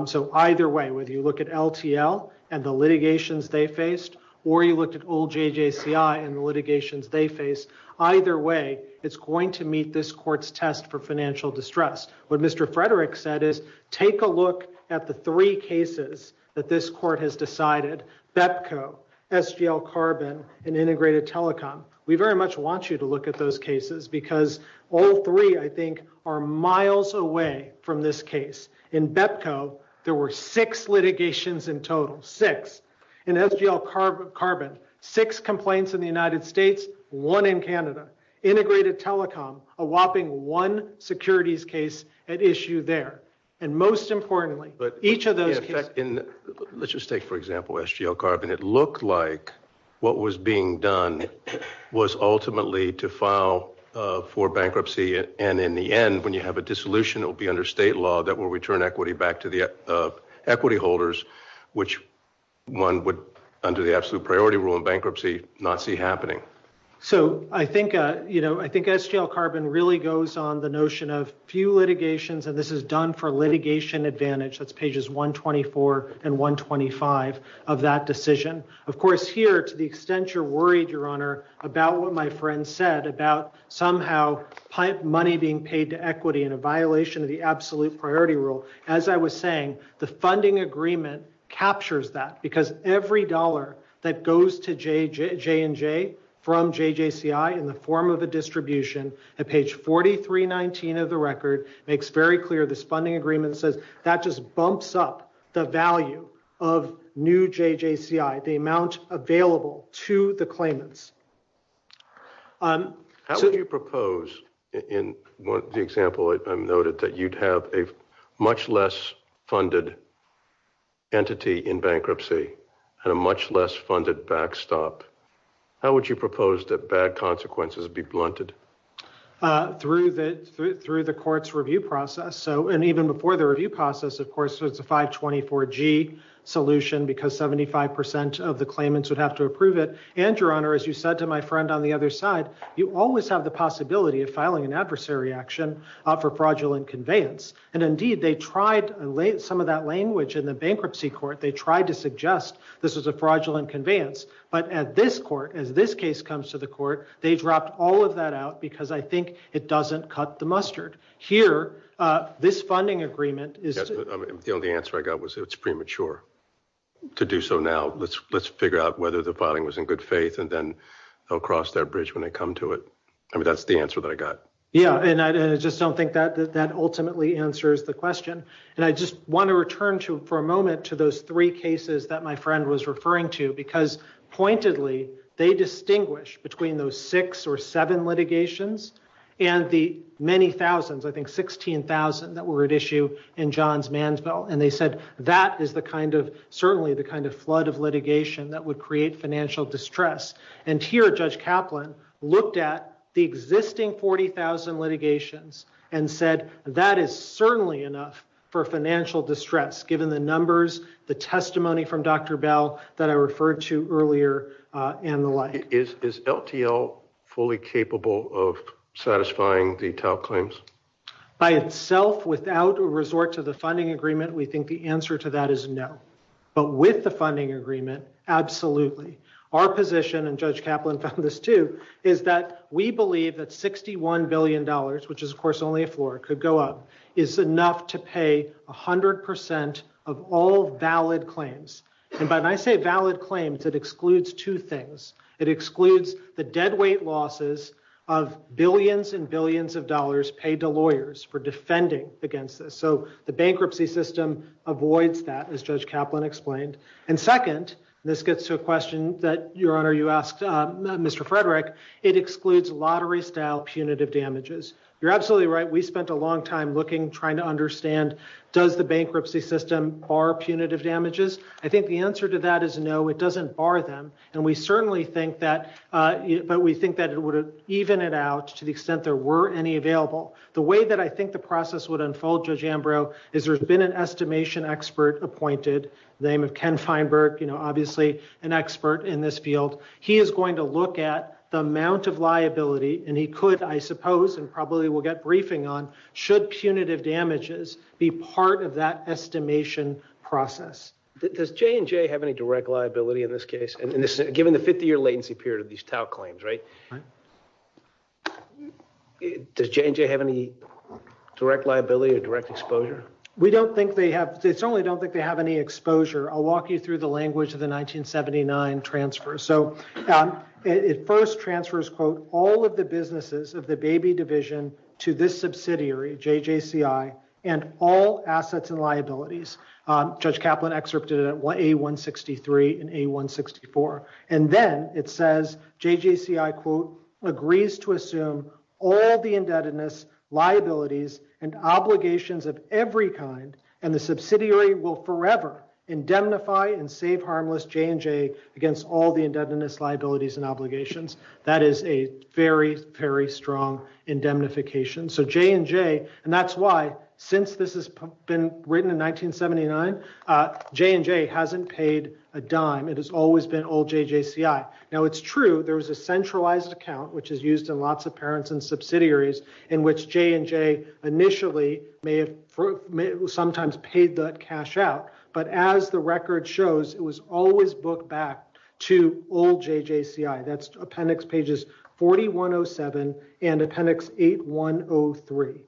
So either way, whether you look at LTL and the litigations they faced or you looked at old JJCI and the litigations they faced, either way, it's going to meet this court's test for financial distress. What Mr. Frederick said is take a look at the three cases that this court has decided, BEPCO, SGL Carbon, and Integrated Telecom. We very much want you to look at those cases because all three, I think, are miles away from this case. In BEPCO, there were six litigations in total, six. In SGL Carbon, six complaints in the United States, one in Canada. Integrated Telecom, a whopping one securities case at issue there. And most importantly, each of those... Let's just take, for example, SGL Carbon. It looked like what was being done was ultimately to file for bankruptcy. And in the end, when you have a dissolution, it will be under state law that will return equity back to the equity holders, which one would, under the absolute priority rule in bankruptcy, not see happening. So I think, you know, I think SGL Carbon really goes on the few litigations, and this is done for litigation advantage. That's pages 124 and 125 of that decision. Of course, here, to the extent you're worried, Your Honor, about what my friend said about somehow money being paid to equity in a violation of the absolute priority rule. As I was saying, the funding agreement captures that because every dollar that goes to J&J from JJCI in the form of a distribution, at page 4319 of the record, makes very clear this funding agreement says that just bumps up the value of new JJCI, the amount available to the claimants. How would you propose, in the example I've noted, that you'd have a much less funded entity in bankruptcy and a much less funded backstop? How would you propose that bad consequences be blunted? Through the court's review process. So, and even before the review process, of course, was the 524G solution because 75% of the claimants would have to approve it. And, Your Honor, as you said to my friend on the other side, you always have the possibility of filing an adversary action for fraudulent conveyance. And indeed, they tried some of that language in the bankruptcy court. They tried to suggest this was a fraudulent conveyance. But at this court, as this case comes to the court, they dropped all of that out because I think it doesn't cut the mustard. Here, this funding agreement is... The only answer I got was it's premature to do so now. Let's figure out whether the filing was in good faith and then they'll cross that bridge when they come to it. I mean, that's the answer that I got. Yeah. And I just don't think that that ultimately answers the question. And I just want to return to, for a moment, to those three cases that my friend was referring to because, pointedly, they distinguish between those six or seven litigations and the many thousands, I think 16,000 that were at issue in John's Mansville. And they said that is the kind of, certainly the kind of flood of litigation that would create financial distress. And here, Judge Kaplan looked at the existing 40,000 litigations and said that is certainly enough for financial distress, given the numbers, the testimony from Dr. Bell that I referred to earlier, and the like. Is LTL fully capable of satisfying the TAO claims? By itself, without a resort to the funding agreement, we think the answer to that is no. But with the funding agreement, absolutely. Our position, and Judge Kaplan's position, is that $1,000, which is, of course, only a four, could go up, is enough to pay 100% of all valid claims. And when I say valid claims, it excludes two things. It excludes the deadweight losses of billions and billions of dollars paid to lawyers for defending against this. So the bankruptcy system avoids that, as Judge Kaplan explained. And second, and this gets to a question that, Your Honor, you asked Mr. Frederick, it excludes lottery-style punitive damages. You're absolutely right. We spent a long time looking, trying to understand, does the bankruptcy system bar punitive damages? I think the answer to that is no, it doesn't bar them. And we certainly think that, but we think that it would have evened it out to the extent there were any available. The way that I think the process would unfold, Judge Ambrose, is there's been an estimation expert appointed, the name of Ken Feinberg, obviously an expert in this field. He is going to look at the amount of liability, and he could, I suppose, and probably we'll get briefing on, should punitive damages be part of that estimation process. Does J&J have any direct liability in this case, given the 50-year latency period of these TAO claims, right? Does J&J have any direct liability or direct exposure? We don't think they have, they certainly don't think they have any exposure. I'll walk you through the language of the 1979 transfer. So, it first transfers, quote, all of the businesses of the baby division to this subsidiary, JJCI, and all assets and liabilities. Judge Kaplan excerpted it at A163 and A164. And then it says, JJCI, quote, agrees to assume all the indebtedness, liabilities, and obligations of every kind, and the subsidiary will forever indemnify and save harmless J&J against all the indebtedness, liabilities, and obligations. That is a very, very strong indemnification. So, J&J, and that's why, since this has been written in 1979, J&J hasn't paid a dime. It has always been all JJCI. Now, it's true, there's a centralized account, which is used in lots of parents and subsidiaries, in which J&J initially may have sometimes paid the cash out. But as the record shows, it was always booked back to all JJCI. That's appendix pages 4107 and appendix 8103.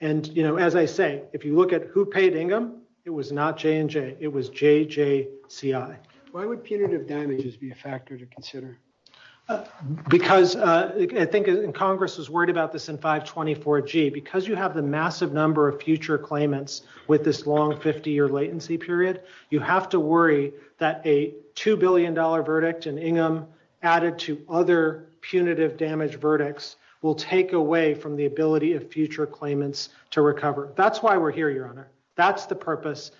And, you know, as I say, if you look at who paid Ingham, it was not J&J, it was JJCI. Why would punitive damages be a factor to consider? Because I think Congress was worried about this in 524G. Because you have the massive number of future claimants with this long 50-year latency period, you have to worry that a $2 billion verdict in Ingham added to other punitive damage verdicts will take away from the ability of future claimants to recover. That's why we're here, Your Honor. That's the purpose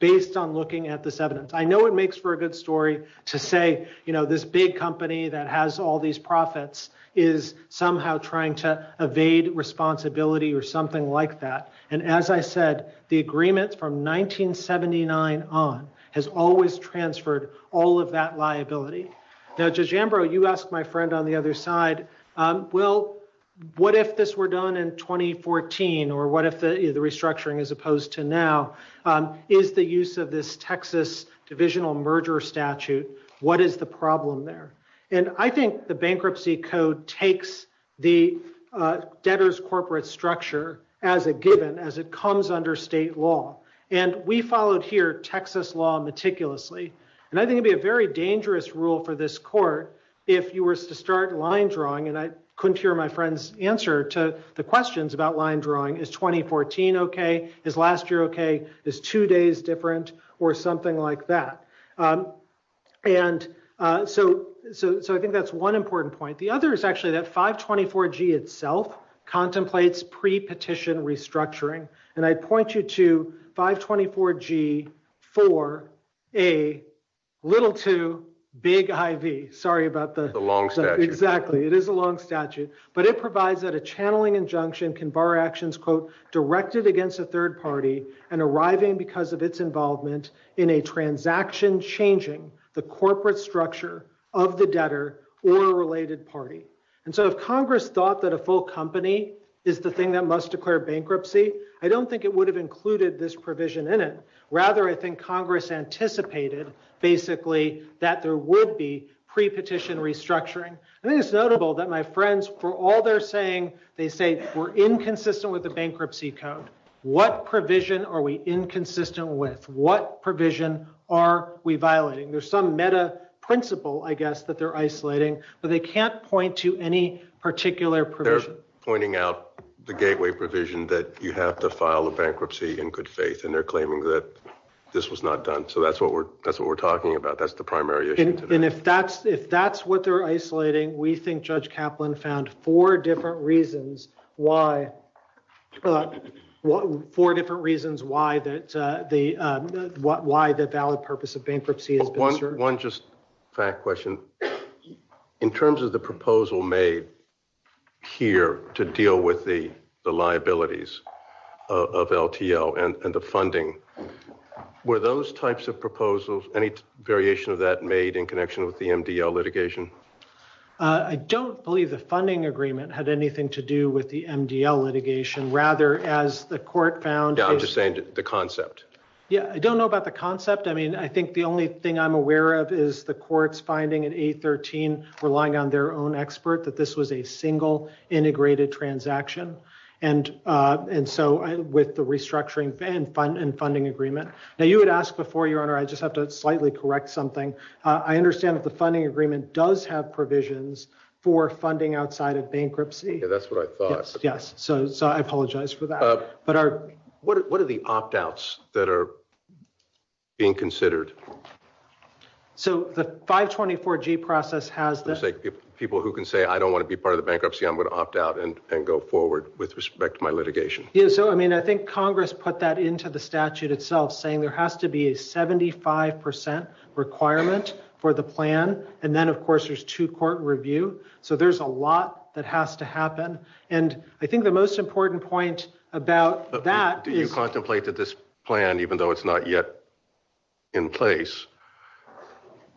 based on looking at this evidence. I know it makes for a good story to say, you know, this big company that has all these profits is somehow trying to evade responsibility or something like that. And as I said, the agreement from 1979 on has always transferred all of that liability. Now, Judge Ambrose, you asked my friend on the other side, what if this were done in 2014, or what if the restructuring as opposed to now, is the use of this Texas divisional merger statute, what is the problem there? And I think the bankruptcy code takes the debtor's corporate structure as a given, as it comes under state law. And we followed here Texas law meticulously. And I think it'd be a very dangerous rule for this court if you were to line drawing, and I couldn't hear my friend's answer to the questions about line drawing, is 2014 okay? Is last year okay? Is two days different? Or something like that. And so I think that's one important point. The other is actually that 524G itself contemplates pre-petition restructuring. And I point you to 524G for a little too big IV. Sorry about that. Exactly. It is a long statute, but it provides that a channeling injunction can bar actions, quote, directed against a third party and arriving because of its involvement in a transaction changing the corporate structure of the debtor or related party. And so if Congress thought that a full company is the thing that must declare bankruptcy, I don't think it would have included this provision in it. Rather, I think Congress anticipated basically that there would be pre-petition restructuring. I think it's notable that my friends, for all they're saying, they say we're inconsistent with the bankruptcy count. What provision are we inconsistent with? What provision are we violating? There's some meta principle, I guess, that they're isolating, but they can't point to any particular provision. They're pointing out the gateway provision that you have to file a bankruptcy in good faith, and they're claiming that this was not done. So that's what we're talking about. That's the primary issue. And if that's what they're isolating, we think Judge Kaplan found four different reasons why the valid purpose of bankruptcy. One just fact question. In terms of the proposal made here to deal with the liabilities of LTL and the funding, were those types of proposals, any variation of that made in connection with the MDL litigation? I don't believe the funding agreement had anything to do with the MDL litigation. Rather, as the court found... I'm just saying the concept. Yeah, I don't know about the concept. I mean, I think the only thing I'm aware of is the court's finding in 813, relying on their own expert, that this was a single integrated transaction. And so with the restructuring and funding agreement. Now you had asked before, Your Honor, I just have to slightly correct something. I understand that the funding agreement does have provisions for funding outside of bankruptcy. Yeah, that's what I thought. Yes. So I apologize for that. What are the opt-outs that are being considered? So the 524G process has... Looks like people who can say, I don't want to be part of the bankruptcy, I'm going to opt out and go forward with respect to my litigation. Yeah, so I mean, I think Congress put that into the statute itself, saying there has to be a 75% requirement for the plan. And then of course, there's two court review. So there's a lot that has to happen. And I think the most important point about that... Do you think that 75% threshold, which is not yet in place,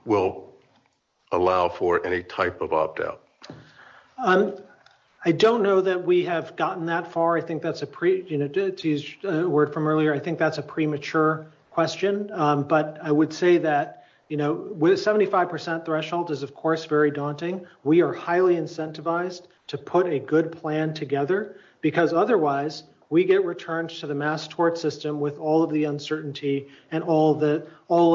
will allow for any type of opt-out? I don't know that we have gotten that far. I think that's a pre... To use a word from earlier, I think that's a premature question. But I would say that with a 75% threshold is, of course, very daunting. We are highly incentivized to put a good plan together, because otherwise, we get returned to the mass tort system with all of the uncertainty and all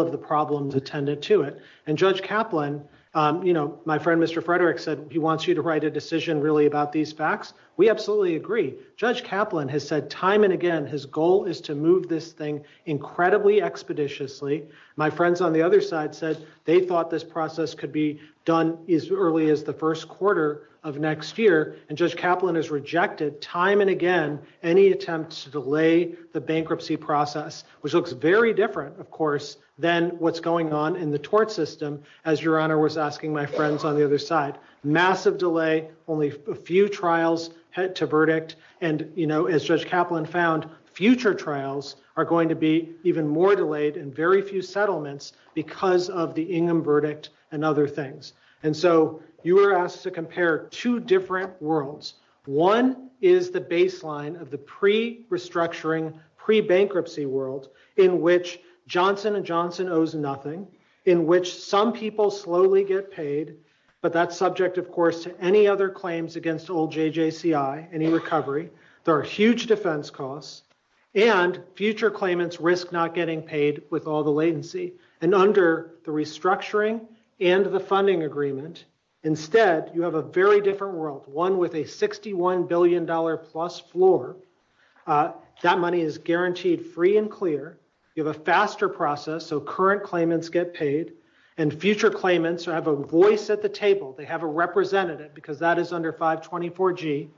of the problems attendant to it. And Judge Kaplan, my friend, Mr. Frederick said, he wants you to write a decision really about these facts. We absolutely agree. Judge Kaplan has said time and again, his goal is to move this thing incredibly expeditiously. My friends on the other side said they thought this process could be done as early as the first quarter of next year. And Judge Kaplan has rejected time and again, any attempts to delay the bankruptcy process, which looks very different, of course, than what's going on in the tort system, as Your Honor was asking my friends on the other side. Massive delay, only a few trials to verdict. And as Judge Kaplan found, future trials are going to be even more delayed and very few settlements because of the Ingham verdict and other things. And so you were asked to compare two different worlds. One is the baseline of the pre-restructuring, pre-bankruptcy world in which Johnson & Johnson owes nothing, in which some people slowly get paid, but that's subject, of course, to any other claims against old JJCI, any recovery. There are huge defense costs. And future claimants risk not getting paid with all the latency. And under the restructuring and the funding agreement, instead, you have a very different world, one with a $61 billion plus floor. That money is guaranteed free and clear. You have a faster process, so current claimants get paid. And future claimants have a voice at the table. They have a representative because that is under 524G.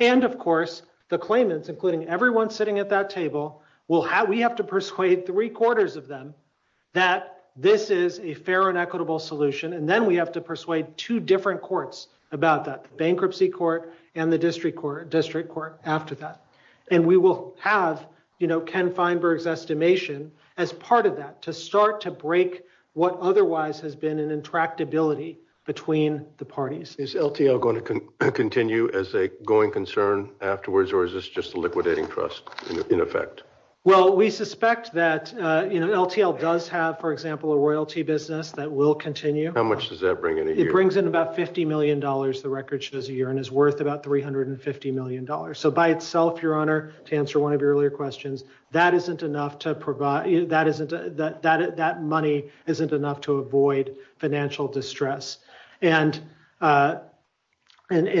And of course, the claimants, including everyone sitting at that table, we have to persuade three-quarters of them that this is a fair and equitable solution. And then we have to persuade two different courts about that, the bankruptcy court and the district court after that. And we will have, you know, Ken Feinberg's estimation as part of that to start to break what otherwise has been an intractability between the parties. Is LTL going to continue as a going concern afterwards or is this just liquidating trust in effect? Well, we suspect that, you know, LTL does have, for example, a royalty business that will continue. How much does that bring in a year? It brings in about $50 million, the record shows, a year and is worth about $350 million. So by itself, Your Honor, to answer one of your earlier questions, that isn't enough to provide, that money isn't enough to avoid financial distress. And so if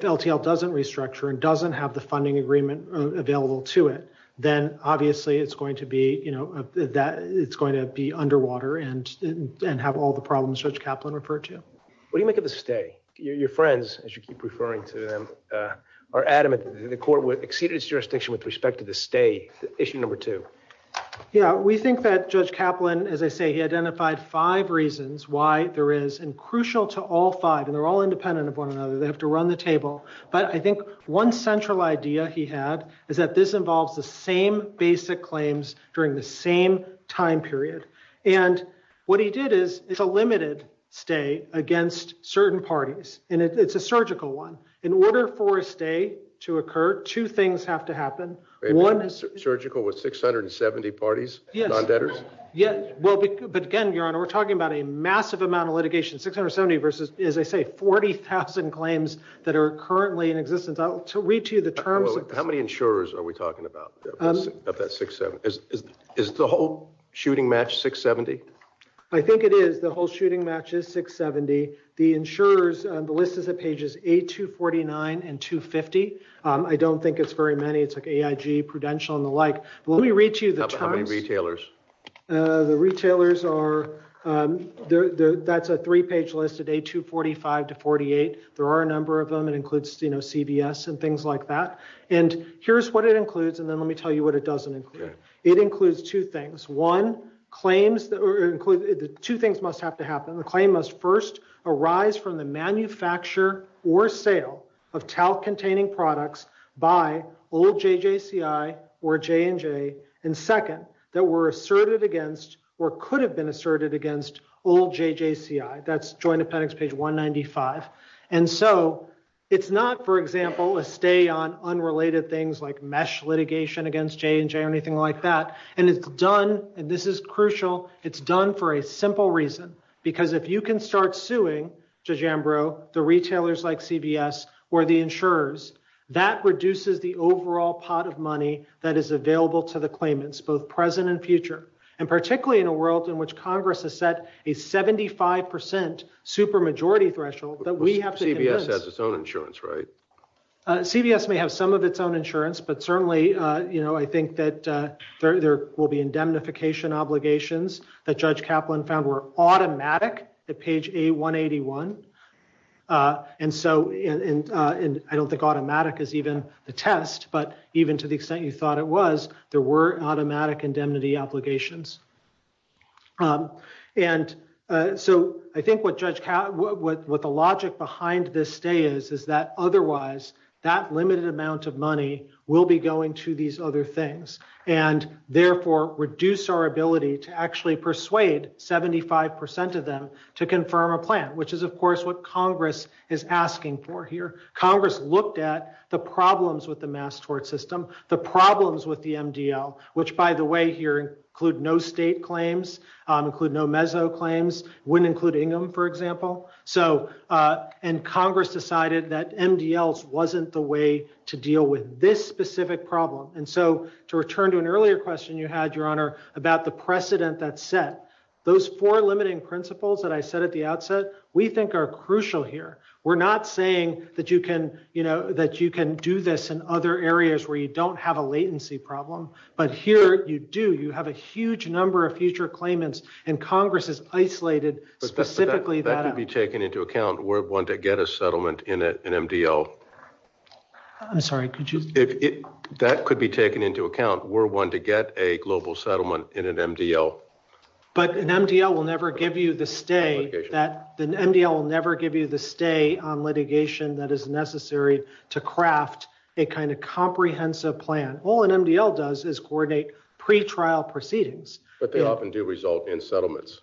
LTL doesn't restructure and doesn't have the funding agreement available to it, then obviously it's going to be, you know, it's going to be underwater and have all the problems Judge Kaplan referred to. What do you make of the stay? Your friends, as you keep referring to them, are adamant that the court would exceed its jurisdiction with respect to the stay, issue number two. Yeah, we think that Judge Kaplan, as I say, he identified five reasons why there is, and crucial to all five, and they're all independent of one another, they have to run the table. But I think one central idea he had is that this involves the same basic claims during the same time period. And what he did is, it's a limited stay against certain parties. And it's a surgical one. In order for a stay to occur, two things have to happen. Surgical with 670 parties? Yes. But again, Your Honor, we're talking about a massive amount of litigation, 670 versus, as I say, 40,000 claims that are currently in existence. I'll read to you the terms. How many insurers are we talking about? Is the whole shooting match 670? I think it is. The whole shooting match is 670. The insurers, the list is at pages A249 and 250. I don't think it's very many. It's like AIG, Prudential, and the like. Let me read to you the terms. How many retailers? The retailers are, that's a three-page list at A245 to 48. There are a number of them. It includes, you know, CVS and things like that. And here's what it includes, and then let me tell you what it doesn't include. It includes two things. One, claims, two things must have to happen. The claim must first arise from the manufacture or sale of talc-containing products by old JJCI or J&J, and second, that were asserted against or could have been asserted against old JJCI. That's Joint Appendix page 195. And so it's not, for example, a stay on unrelated things like mesh litigation against J&J or anything like that. And it's done, and this is crucial, it's done for a simple reason. Because if you can start suing, Judge Ambrose, the retailers like CVS or the insurers, that reduces the overall pot of money that is available to the claimants, both present and future. And particularly in a world in which Congress has set a 75% supermajority threshold that we have to... CVS has its own insurance, right? CVS may have some of its own insurance, but certainly, you know, I think that there will be indemnification obligations that Judge Kaplan found were automatic at page 181. And so, and I don't think automatic is even the test, but even to the extent you thought it was, there were automatic indemnity obligations. And so I think what the logic behind this stay is, is that otherwise, that limited amount of money will be going to these other things, and therefore, reduce our ability to actually persuade 75% of them to confirm a plan, which is, of course, what Congress is asking for here. Congress looked at the problems with the mass tort system, the problems with the MDL, which by the way here include no state claims, include no mezzo claims, wouldn't include Ingham, for example. So, and Congress decided that MDLs wasn't the way to deal with this specific problem. And so to return to an earlier question you had, Your Honor, about the precedent that's set, those four limiting principles that I said at the outset, we think are crucial here. We're not saying that you can, you know, that you can do this in other areas where you don't have a latency problem, but here you do. You have a huge number of future claimants, and Congress has isolated specifically that. That could be taken into account. We're one to get a settlement in an MDL. I'm sorry, could you? That could be taken into account. We're one to get a global settlement in an MDL. But an MDL will never give you the stay that, an MDL will never give you the stay on litigation that is necessary to craft a kind of comprehensive plan. All an MDL does is coordinate pre-trial proceedings. But they often do result in settlements.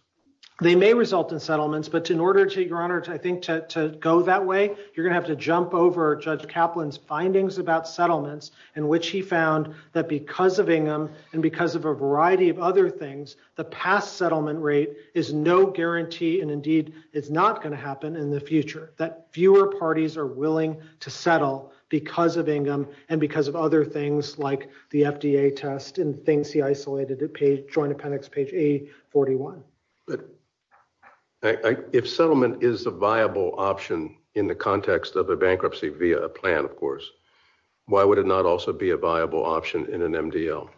They may result in settlements, but in order to, Your Honor, I think to go that way, you're going to have to jump over Judge Kaplan's findings about settlements, in which he found that because of Ingham, and because of a variety of other things, the past settlement rate is no guarantee, and indeed is not going to happen in the future, that fewer parties are willing to settle because of Ingham and because of other things like the FDA test and things he isolated at Joint Appendix page 841. If settlement is a viable option in the context of a bankruptcy via a plan, of course, why would it not also be a viable option in an MDL?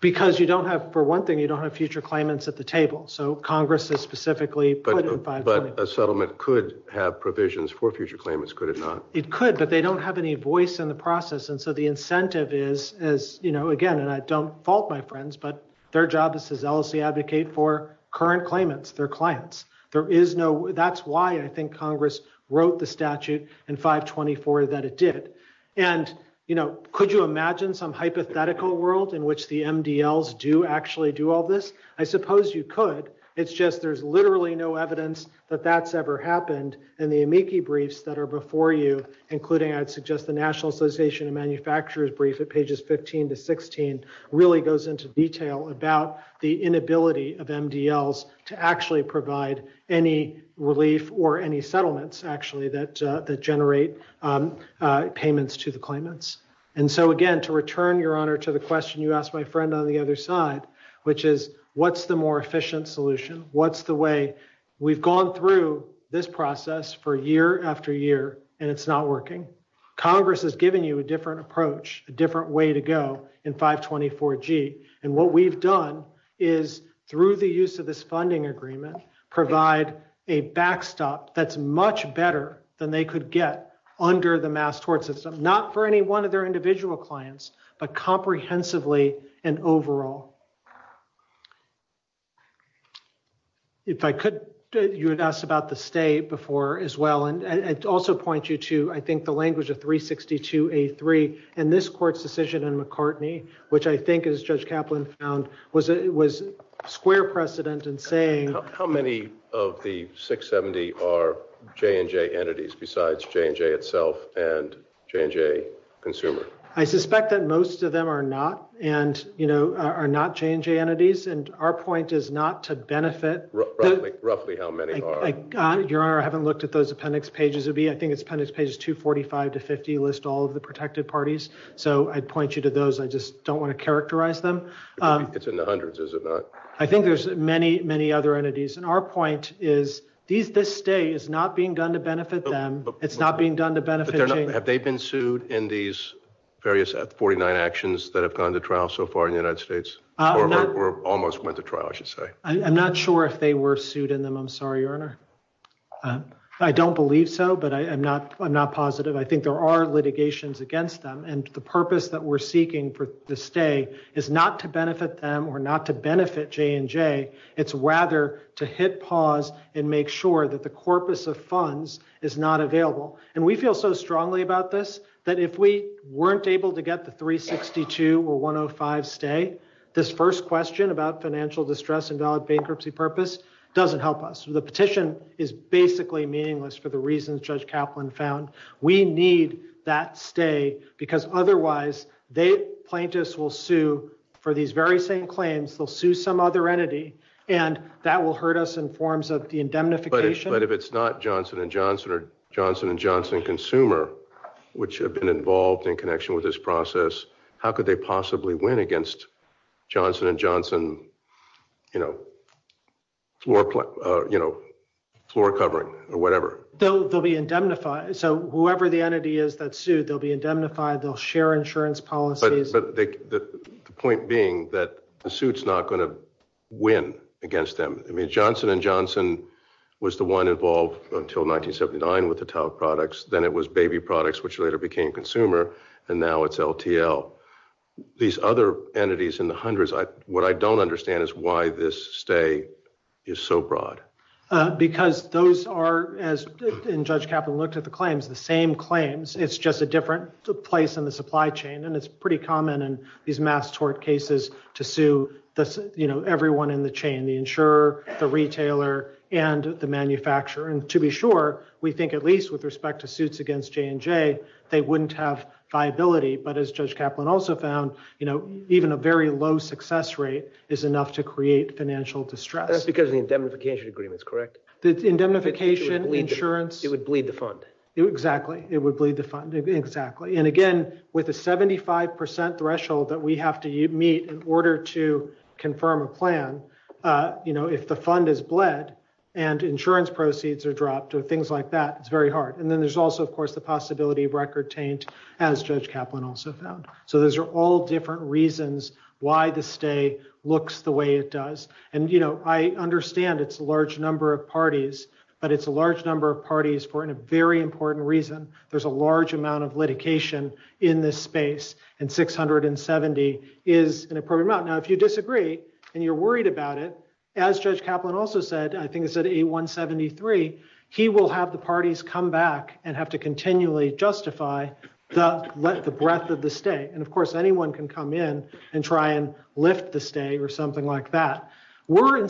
Because you don't have, for one thing, you don't have future claimants at the table. So Congress has specifically put in It could, but they don't have any voice in the process. And so the incentive is, is, you know, again, and I don't fault my friends, but their job is to zealously advocate for current claimants, their clients. There is no, that's why I think Congress wrote the statute in 524 that it did. And, you know, could you imagine some hypothetical world in which the MDLs do actually do all this? I suppose you could. It's just, there's literally no evidence that that's ever happened. And the amici briefs that are before you, including, I'd suggest the National Association of Manufacturers brief at pages 15 to 16, really goes into detail about the inability of MDLs to actually provide any relief or any settlements actually that, that generate payments to the claimants. And so again, to return your honor to the question you asked my friend on the other side, which is what's the more efficient solution? What's the way we've gone through this process for year after year, and it's not working. Congress has given you a different approach, a different way to go in 524G. And what we've done is through the use of this funding agreement, provide a backstop that's much better than they could get under the Mass Tort System, not for any one of their individual clients, but comprehensively and overall. If I could, you had asked about the state before as well, and also point you to, I think the language of 362A3, and this court's decision in McCartney, which I think as Judge Kaplan found, was, it was square precedent in saying... How many of the 670 are J&J entities besides J&J itself and J&J consumer? I suspect that most of them are not, and you know, are not J&J entities. And our point is not to benefit... Roughly how many are? Your Honor, I haven't looked at those appendix pages. I think it's appendix pages 245 to 50, list all of the protected parties. So I'd point you to those. I just don't want to characterize them. It's in the hundreds, is it not? I think there's many, many other entities. And our point is, this state is not being done to benefit them. It's not being done to benefit J&J. Have they been sued in these various 49 actions that have gone to trial so far in the United States? Or almost went to trial, I should say. I'm not sure if they were sued in them. I'm sorry, Your Honor. I don't believe so, but I'm not positive. I think there are litigations against them. And the purpose that we're seeking for the stay is not to benefit them or not to benefit J&J. It's rather to hit pause and make sure that the corpus of funds is not available. And we feel so about this, that if we weren't able to get the 362 or 105 stay, this first question about financial distress and valid bankruptcy purpose doesn't help us. The petition is basically meaningless for the reasons Judge Kaplan found. We need that stay, because otherwise, they, plaintiffs, will sue for these very same claims. They'll sue some other entity, and that will hurt us in forms of the indemnification. But if it's not Johnson & Johnson or Johnson & Johnson Consumer, which have been involved in connection with this process, how could they possibly win against Johnson & Johnson floor covering or whatever? They'll be indemnified. So whoever the entity is that sued, they'll be indemnified. They'll share insurance policies. But the point being that the suit's not going to win against them. Johnson & Johnson was the one involved until 1979 with the towel products. Then it was baby products, which later became Consumer, and now it's LTL. These other entities in the hundreds, what I don't understand is why this stay is so broad. Because those are, as Judge Kaplan looked at the claims, the same claims. It's just a different place in the supply chain. And it's pretty common in these mass tort cases to sue everyone in the insurer, the retailer, and the manufacturer. And to be sure, we think at least with respect to suits against J&J, they wouldn't have viability. But as Judge Kaplan also found, even a very low success rate is enough to create financial distress. That's because of indemnification agreements, correct? Indemnification, insurance. It would bleed the fund. Exactly. It would bleed the fund. Exactly. And again, with a 75% threshold that we have to meet in order to confirm a plan, if the fund is bled and insurance proceeds are dropped or things like that, it's very hard. And then there's also, of course, the possibility of record change, as Judge Kaplan also found. So those are all different reasons why the stay looks the way it does. And I understand it's a large number of parties, but it's a large number of parties for a very important reason. There's a large amount of litigation in this space, and 670 is an appropriate amount. Now, if you disagree and you're worried about it, as Judge Kaplan also said, I think he said 8173, he will have the parties come back and have to continually justify the breadth of the stay. And of course, anyone can come in and try and lift the stay or something like that. We're and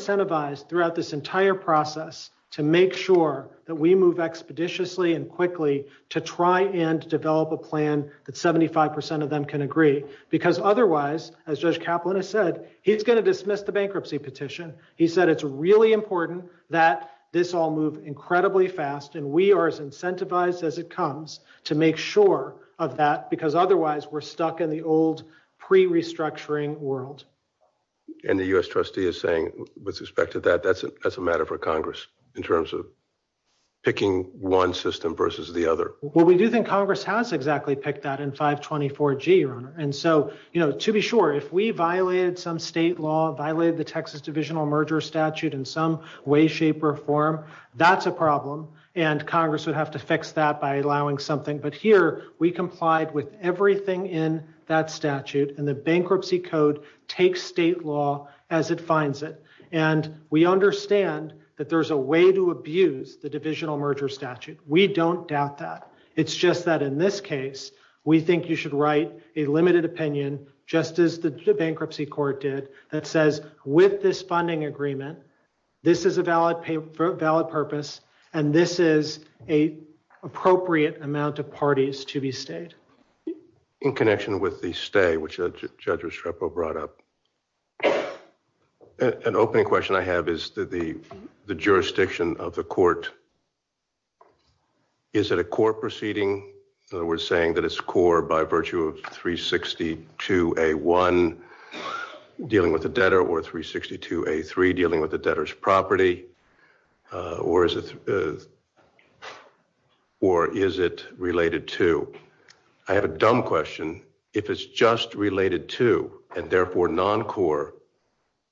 quickly to try and develop a plan that 75% of them can agree because otherwise, as Judge Kaplan has said, he's going to dismiss the bankruptcy petition. He said it's really important that this all move incredibly fast. And we are as incentivized as it comes to make sure of that, because otherwise we're stuck in the old pre restructuring world. And the U.S. trustee is with respect to that, that's a matter for Congress in terms of picking one system versus the other. Well, we do think Congress has exactly picked that in 524G. And so, to be sure, if we violated some state law, violated the Texas Divisional Merger Statute in some way, shape or form, that's a problem. And Congress would have to fix that by allowing something. But here we complied with everything in that statute and the bankruptcy code takes state law as it finds it. And we understand that there's a way to abuse the Divisional Merger Statute. We don't doubt that. It's just that in this case, we think you should write a limited opinion, just as the bankruptcy court did, that says, with this funding agreement, this is a valid purpose and this is an appropriate amount of parties to be stayed. In connection with the stay, which Judge Restrepo brought up, an opening question I have is that the jurisdiction of the court, is it a court proceeding? In other words, saying that it's a court by virtue of 362A1 dealing with the debtor or 362A3 dealing with the debtor's property, or is it related to? I have a dumb question. If it's just related to and therefore non-core,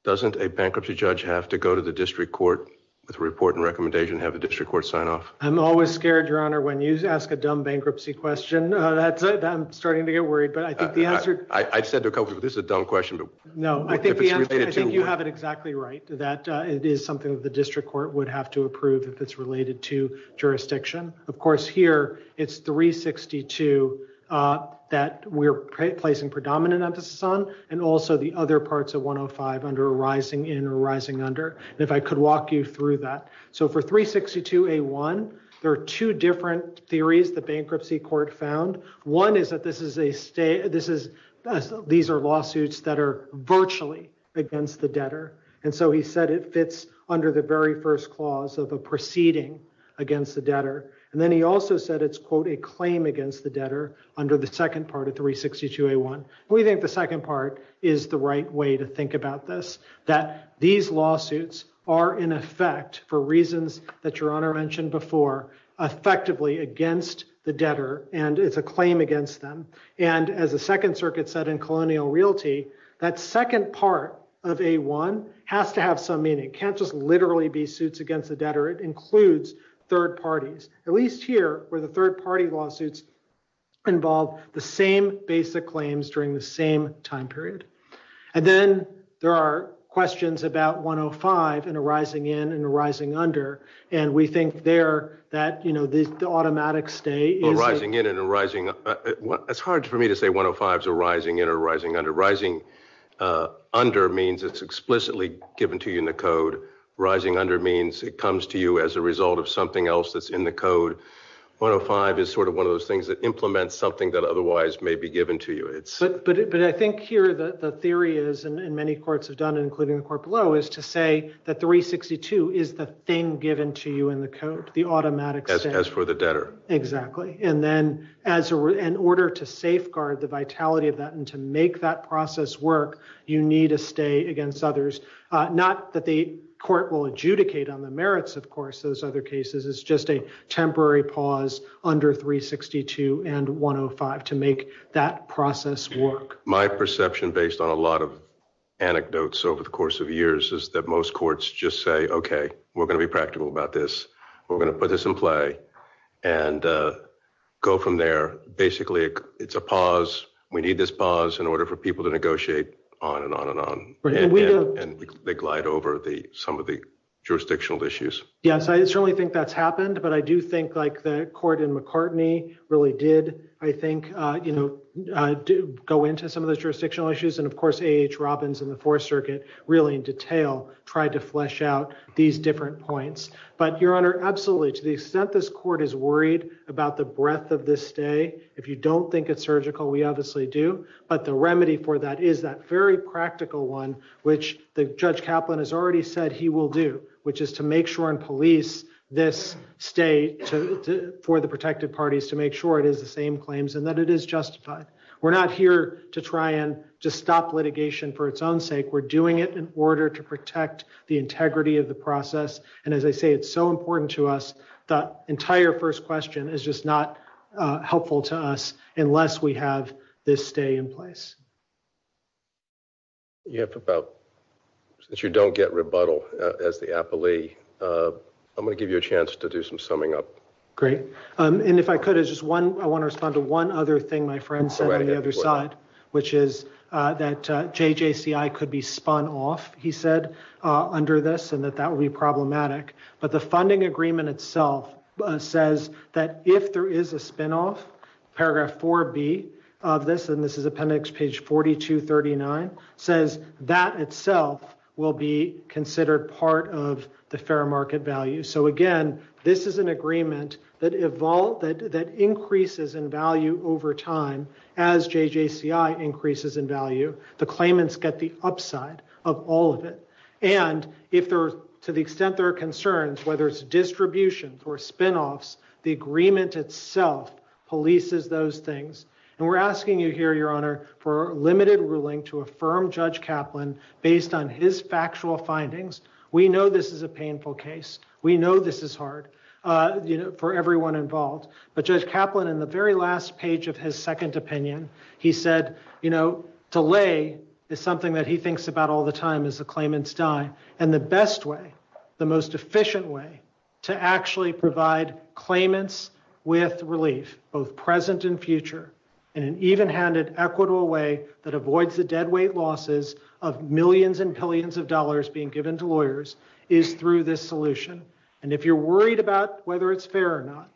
doesn't a bankruptcy judge have to go to the district court with a report and recommendation and have the district court sign off? I'm always scared, Your Honor, when you ask a dumb bankruptcy question. I'm starting to get worried. I said to a couple of people, this is a dumb question. No, I think you have it exactly right. That is something that the district court would have to approve if it's related to jurisdiction. Of course, here it's 362 that we're placing predominant emphasis on and also the other parts of 105 under a rising in or rising under. If I could walk you through that. For 362A1, there are two different theories the bankruptcy court found. One is that these are lawsuits that are virtually against the debtor. He said it fits under the very first clause of a proceeding against the debtor. Then he also said it's quote a claim against the debtor under the second part of 362A1. We think the second part is the right way to think about this, that these lawsuits are in effect for reasons that Your Honor mentioned effectively against the debtor and it's a claim against them. As the second circuit said in colonial realty, that second part of A1 has to have some meaning. Can't just literally be suits against the debtor. It includes third parties, at least here where the third party lawsuits involve the same basic claims during the same time period. Then there are questions about 105 and a rising in and a rising under. We think there that the automatic stay- It's hard for me to say 105 is a rising in or a rising under. Rising under means it's explicitly given to you in the code. Rising under means it comes to you as a result of something else that's in the code. 105 is sort of one of those things that implements something that otherwise may be given to you. I think here the theory is, and many courts have done it including the court below, is to say that 362 is the thing given to you in the code, the automatic stay. As for the debtor. Exactly. Then in order to safeguard the vitality of that and to make that process work, you need to stay against others. Not that the court will adjudicate on the merits, of course, of those other cases. It's just a temporary pause under 362 and 105 to make that process work. My perception based on a lot of anecdotes over the course of years is that most courts just say, okay, we're going to be practical about this. We're going to put this in play and go from there. Basically, it's a pause. We need this pause in order for people to negotiate on and on and on. They glide over some of the jurisdictional issues. Yes, I certainly think that's happened, but I do think the court in McCartney really did, I think, go into some of those jurisdictional issues. Of course, A.H. Robbins in the Fourth Circuit really in detail tried to flesh out these different points. Your Honor, absolutely. To the extent this court is worried about the breadth of this stay, if you don't think it's surgical, we obviously do. The remedy for that is that very practical one, which Judge Kaplan has already said he will do, which is to make sure and police this stay for the protected parties to make sure it is the same claims and that it is justified. We're not here to try and just stop litigation for its own sake. We're doing it in order to protect the integrity of the process. As I say, it's so important to us that entire first question is just not helpful to us unless we have this stay in place. Since you don't get rebuttal as the affilee, I'm going to give you a chance to do some summing up. Great. If I could, I want to respond to one other thing my friend said on the other side, which is that JJCI could be spun off, he said, under this and that that would be problematic. But the funding agreement itself says that if there is a spinoff, Paragraph 4B of this, this is appendix page 4239, says that itself will be considered part of the fair market value. So again, this is an agreement that increases in value over time as JJCI increases in value. The claimants get the upside of all of it. And to the extent there are concerns, whether it's distributions or spinoffs, the agreement itself polices those things. And we're asking you here, Your Honor, for a limited ruling to affirm Judge Kaplan based on his factual findings. We know this is a painful case. We know this is hard, for everyone involved. But Judge Kaplan in the very last page of his second opinion, he said, you know, delay is something that he thinks about all the time as the claimants die. And the best way, the most efficient way to actually provide claimants with relief, both present and future, in an even-handed, equitable way that avoids the deadweight losses of millions and billions of dollars being given to lawyers, is through this solution. And if you're worried about whether it's fair or not,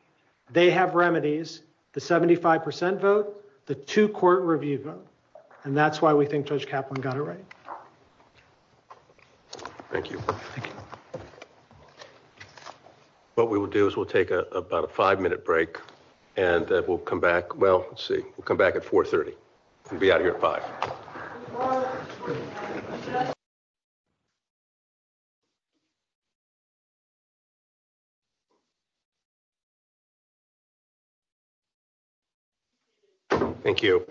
they have remedies, the 75% vote, the two-court review vote. And that's why we think Judge Kaplan got it right. Thank you. Thank you. What we will do is we'll take about a five-minute break, and we'll come back, well, let's see, we'll come back at 4.30. We'll be out here at 5. Thank you.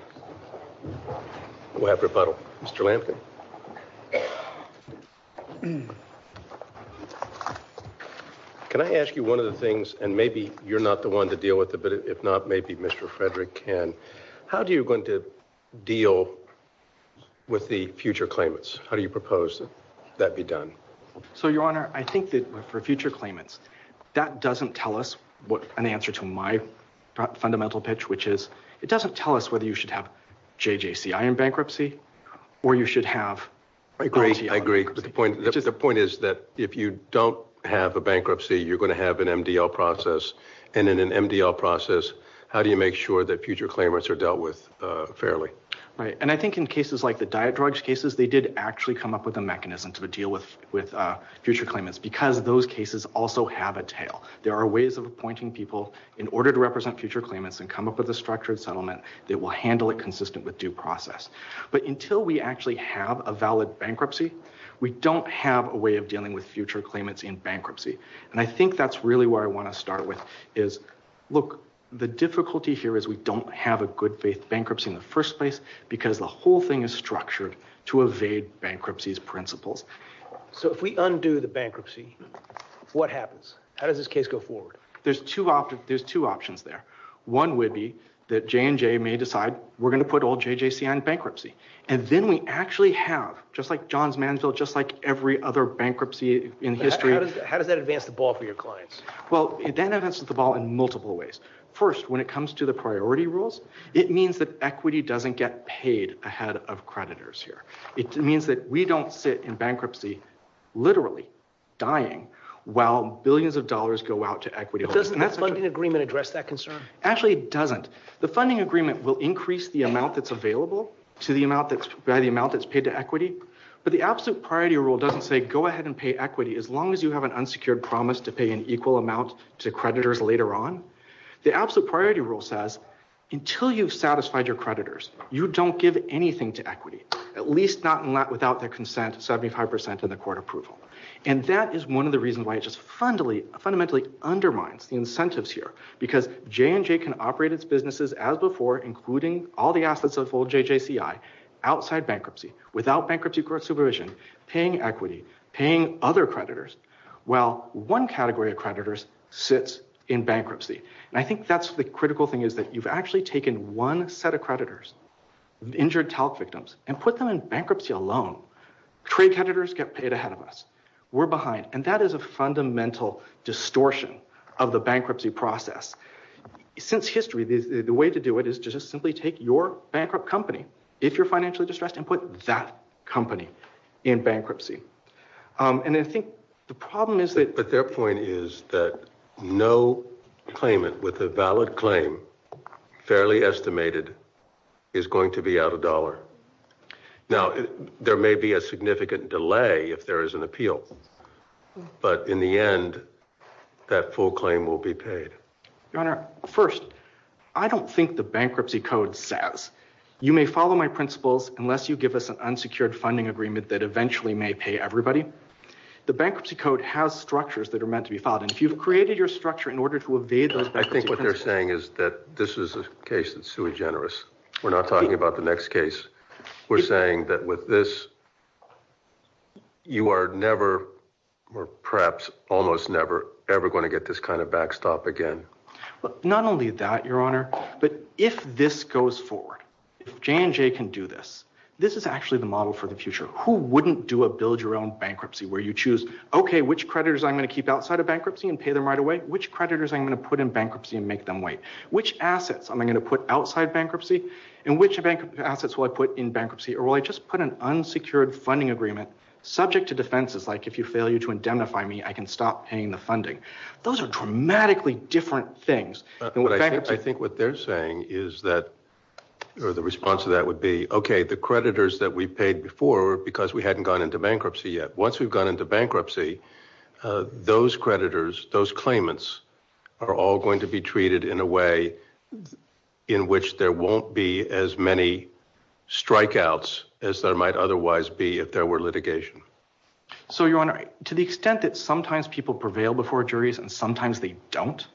We'll have rebuttal. Mr. Lampkin. Can I ask you one of the things, and maybe you're not the one to deal with it, but if not, maybe Mr. Frederick can. How are you going to deal with the future claimants? How do you propose that be done? So, Your Honor, I think that for future claimants, that doesn't tell us what an answer to my fundamental pitch, which is, it doesn't tell us whether you should have JJCI in bankruptcy, or you should have... I agree. I agree. But the point is that if you don't have a bankruptcy, you're going to have an MDL process. And in an MDL process, how do you make sure that future claimants are dealt with fairly? Right. And I think in cases like the diet drugs cases, they did actually come up with a mechanism to deal with future claimants, because those cases also have a tail. There are ways of appointing people in order to represent future claimants and come up with a structured settlement that will handle it consistent with due process. But until we actually have a valid bankruptcy, we don't have a way of dealing with future claimants in bankruptcy. And I think that's really where I want to start with is, look, the difficulty here is we don't have a good faith bankruptcy in the first place, because the whole thing is structured to evade bankruptcy's principles. So if we undo the bankruptcy, what happens? How does this case go forward? There's two options there. One would be that J&J may decide, we're going to put all JJC on bankruptcy. And then we actually have, just like John's Mansfield, just like every other bankruptcy in history. How does that advance the ball for your clients? Well, it then advances the ball in multiple ways. First, when it comes to the priority rules, it means that equity doesn't get paid ahead of creditors here. It means that we don't sit in bankruptcy, literally dying, while billions of dollars go out to equity holders. Does the funding agreement address that concern? Actually, it doesn't. The funding agreement will increase the amount that's available to the amount that's paid to equity. But the absolute priority rule doesn't say, go ahead and pay equity as long as you have an unsecured promise to pay an equal amount to creditors later on. The absolute priority rule says, until you've satisfied your creditors, you don't give anything to equity, at least not without their consent, 75% of the court approval. And that is one of the reasons why it just fundamentally undermines the incentives here. Because J&J can operate its businesses as before, including all the aspects of old JJCI, outside bankruptcy, without bankruptcy court supervision, paying equity, paying other creditors. Well, one category of creditors sits in bankruptcy. And I think that's the critical thing is that you've actually taken one set of creditors, injured TALC victims, and put them in bankruptcy alone. Trade creditors get paid ahead of us. We're behind. And that is a fundamental distortion of the bankruptcy process. Since history, the way to do it is to just simply take your bankrupt company, if you're financially distressed, and put that company in bankruptcy. And I think the problem is that... But their point is that no claimant with a valid claim, fairly estimated, is going to be out of dollar. Now, there may be a significant delay if there is an appeal. But in the end, that full claim will be paid. Your Honor, first, I don't think the bankruptcy code says, you may follow my principles unless you give us an unsecured funding agreement that eventually may pay everybody. The bankruptcy code has structures that are meant to be followed. And if you've created your structure in order to evade those... I think what they're saying is that this is a case that's too generous. We're not talking about the next case. We're saying that with this, you are never, or perhaps almost never, ever going to get this kind of backstop again. Not only that, Your Honor, but if this goes forward, if J&J can do this, this is actually the model for the future. Who wouldn't do a build-your-own bankruptcy, where you choose, okay, which creditors I'm going to keep outside of bankruptcy and pay them right away? Which creditors I'm going to put in bankruptcy and make them wait? Which assets am I going to put outside bankruptcy? And which assets will I put in bankruptcy? Or will I just put an unsecured funding agreement subject to defenses, like if you fail to identify me, I can stop paying the funding? Those are dramatically different things. I think what they're saying is that, or the response to that would be, okay, the creditors that we paid before were because we hadn't gone into bankruptcy yet. Once we've gone into bankruptcy, those creditors, those claimants, are all going to be treated in a way in which there won't be as many strikeouts as there might otherwise be if there were litigation. So, Your Honor, to the extent that sometimes people prevail before juries and sometimes they don't,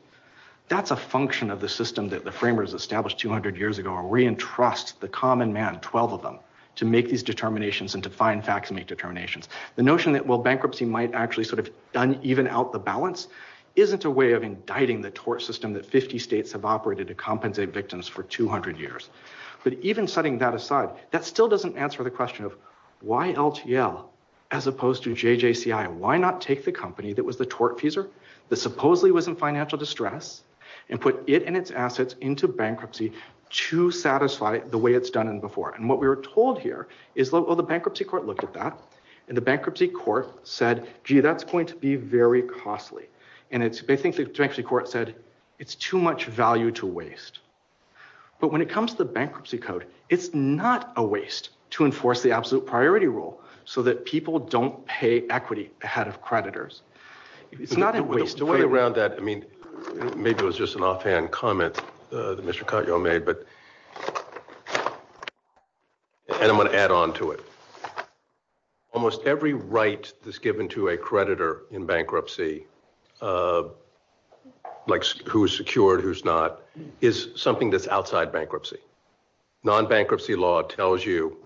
that's a function of the system that the framers established 200 years ago. We entrust the common man, 12 of them, to make these determinations and to find facts and make determinations. The notion that, well, bankruptcy might actually sort of even out the balance isn't a way of indicting the tort system that 50 states have operated to compensate victims for 200 years. But even setting that aside, that still doesn't answer the question of why LTL as opposed to JJCI, why not take the company that was the tort teaser that supposedly was in financial distress and put it and its assets into bankruptcy to satisfy it the way it's done before. And what we were told here is, well, the bankruptcy court looked at that and the bankruptcy court said, gee, that's going to be very costly. And I think the bankruptcy court said, it's too much value to waste. But when it comes to the bankruptcy code, it's not a waste to enforce the absolute priority rule so that people don't pay equity ahead of creditors. It's not a waste. To weigh around that, I mean, maybe it was just an offhand comment that Mr. Cotto made, but and I'm going to add on to it. Almost every right that's given to a creditor in bankruptcy, like who's secured, who's not, is something that's outside bankruptcy. Non-bankruptcy law tells you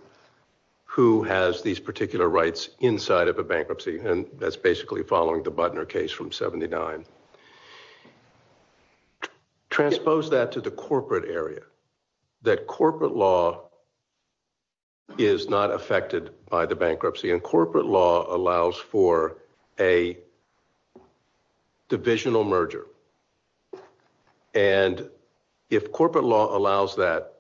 who has these particular rights inside of a bankruptcy, and that's basically following the Butner case from 79. Transpose that to the corporate area, that corporate law is not affected by the bankruptcy and corporate law allows for a divisional merger. And if corporate law allows that,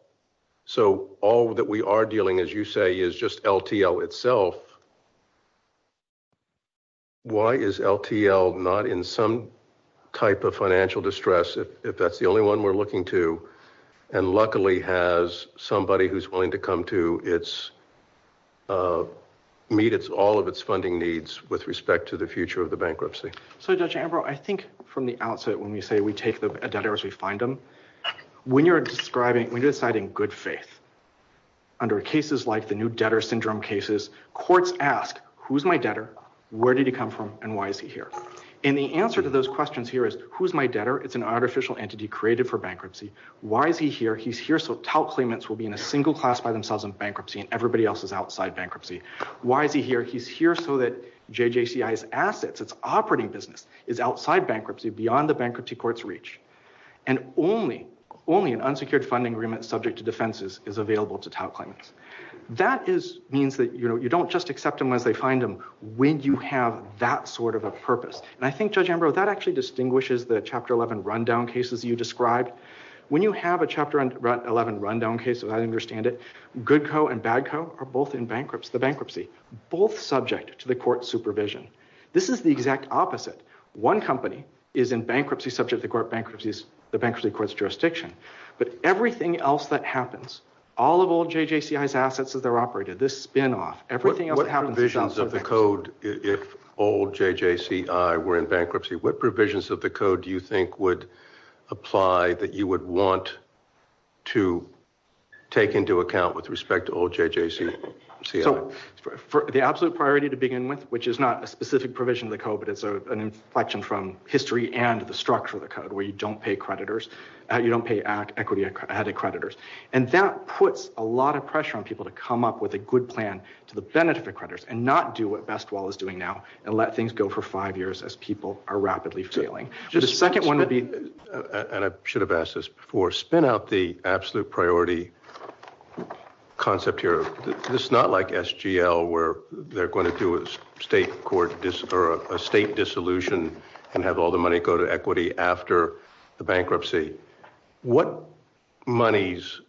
so all that we are dealing, as you say, is just LTL itself, why is LTL not in some type of financial distress if that's the only one we're looking to and luckily has somebody who's willing to come to meet all of its funding needs with respect to the future of the bankruptcy? So Judge Ambrose, I think from the outset when we say we take the debtors, we find them, when you're describing, when you're deciding good faith under cases like the new debtor syndrome cases, courts ask who's my debtor, where did he come from, and why is he here? And the answer to those questions here is who's my debtor? It's an artificial entity created for bankruptcy. Why is he here? He's here so tout claimants will be in a single class by themselves in bankruptcy and everybody else is outside bankruptcy. Why is he here? He's here so that JJCI's assets, its operating business, is outside bankruptcy, beyond the bankruptcy court's reach, and only an unsecured funding agreement subject to defenses is available to tout claimants. That means that you don't just accept them as they find them when you have that sort of a purpose. And I think, Judge Ambrose, that actually distinguishes the Chapter 11 rundown cases you described. When you have a Chapter 11 rundown case, as I understand it, good co and bad co are both in bankruptcy, both subject to the court's supervision. This is the exact opposite. One company is in bankruptcy, such as the bankruptcy court's jurisdiction, but everything else that happens, all of old JJCI's assets that are operated, this spin-off, everything else that happens... What provisions of the code, if old JJCI were in bankruptcy, what provisions of the code do you think would apply that you would want to take into account with respect to old JJCI? The absolute priority to begin with, which is not a specific provision of the code, but it's an inflection from history and the structure of the code, where you don't pay creditors, you don't pay equity-added creditors. And that puts a lot of pressure on people to come up with a good plan to the benefit of creditors and not do what Bestwall is doing now and let things go for five years as people are rapidly failing. The second one would be... And I should have asked this before, spin out the absolute priority concept here. It's not like SGL, where they're going to do a state court, or a state dissolution, and have all the money go to equity after the bankruptcy. What monies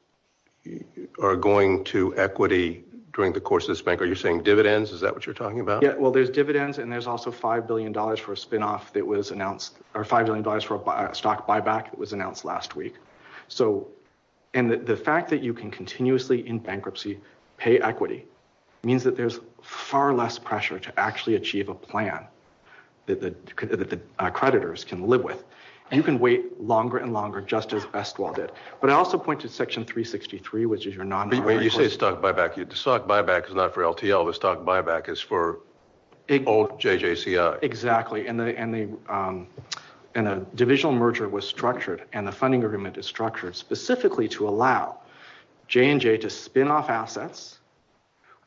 are going to equity during the course of this bank? Are you saying dividends? Is that what you're talking about? Well, there's dividends and there's also $5 billion for a spin-off that was announced, or $5 billion for a stock buyback that was announced last week. And the fact that you can continuously, in bankruptcy, pay equity means that there's far less pressure to actually achieve a plan that the creditors can live with. You can wait longer and longer, just as Bestwall did. But I also point to Section 363, which is your non-targeted... When you say stock buyback, the stock buyback is not for LTL, the stock buyback is for OJJCI. Exactly. And a divisional merger was structured and a funding agreement is structured specifically to allow J&J to spin off assets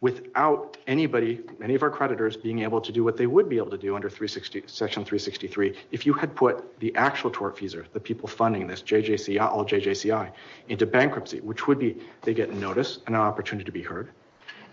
without any of our creditors being able to do what they would be able to do under Section 363. If you had put the actual tortfeasor, the people funding this, OJJCI, into bankruptcy, which would be they get notice and an opportunity to be heard,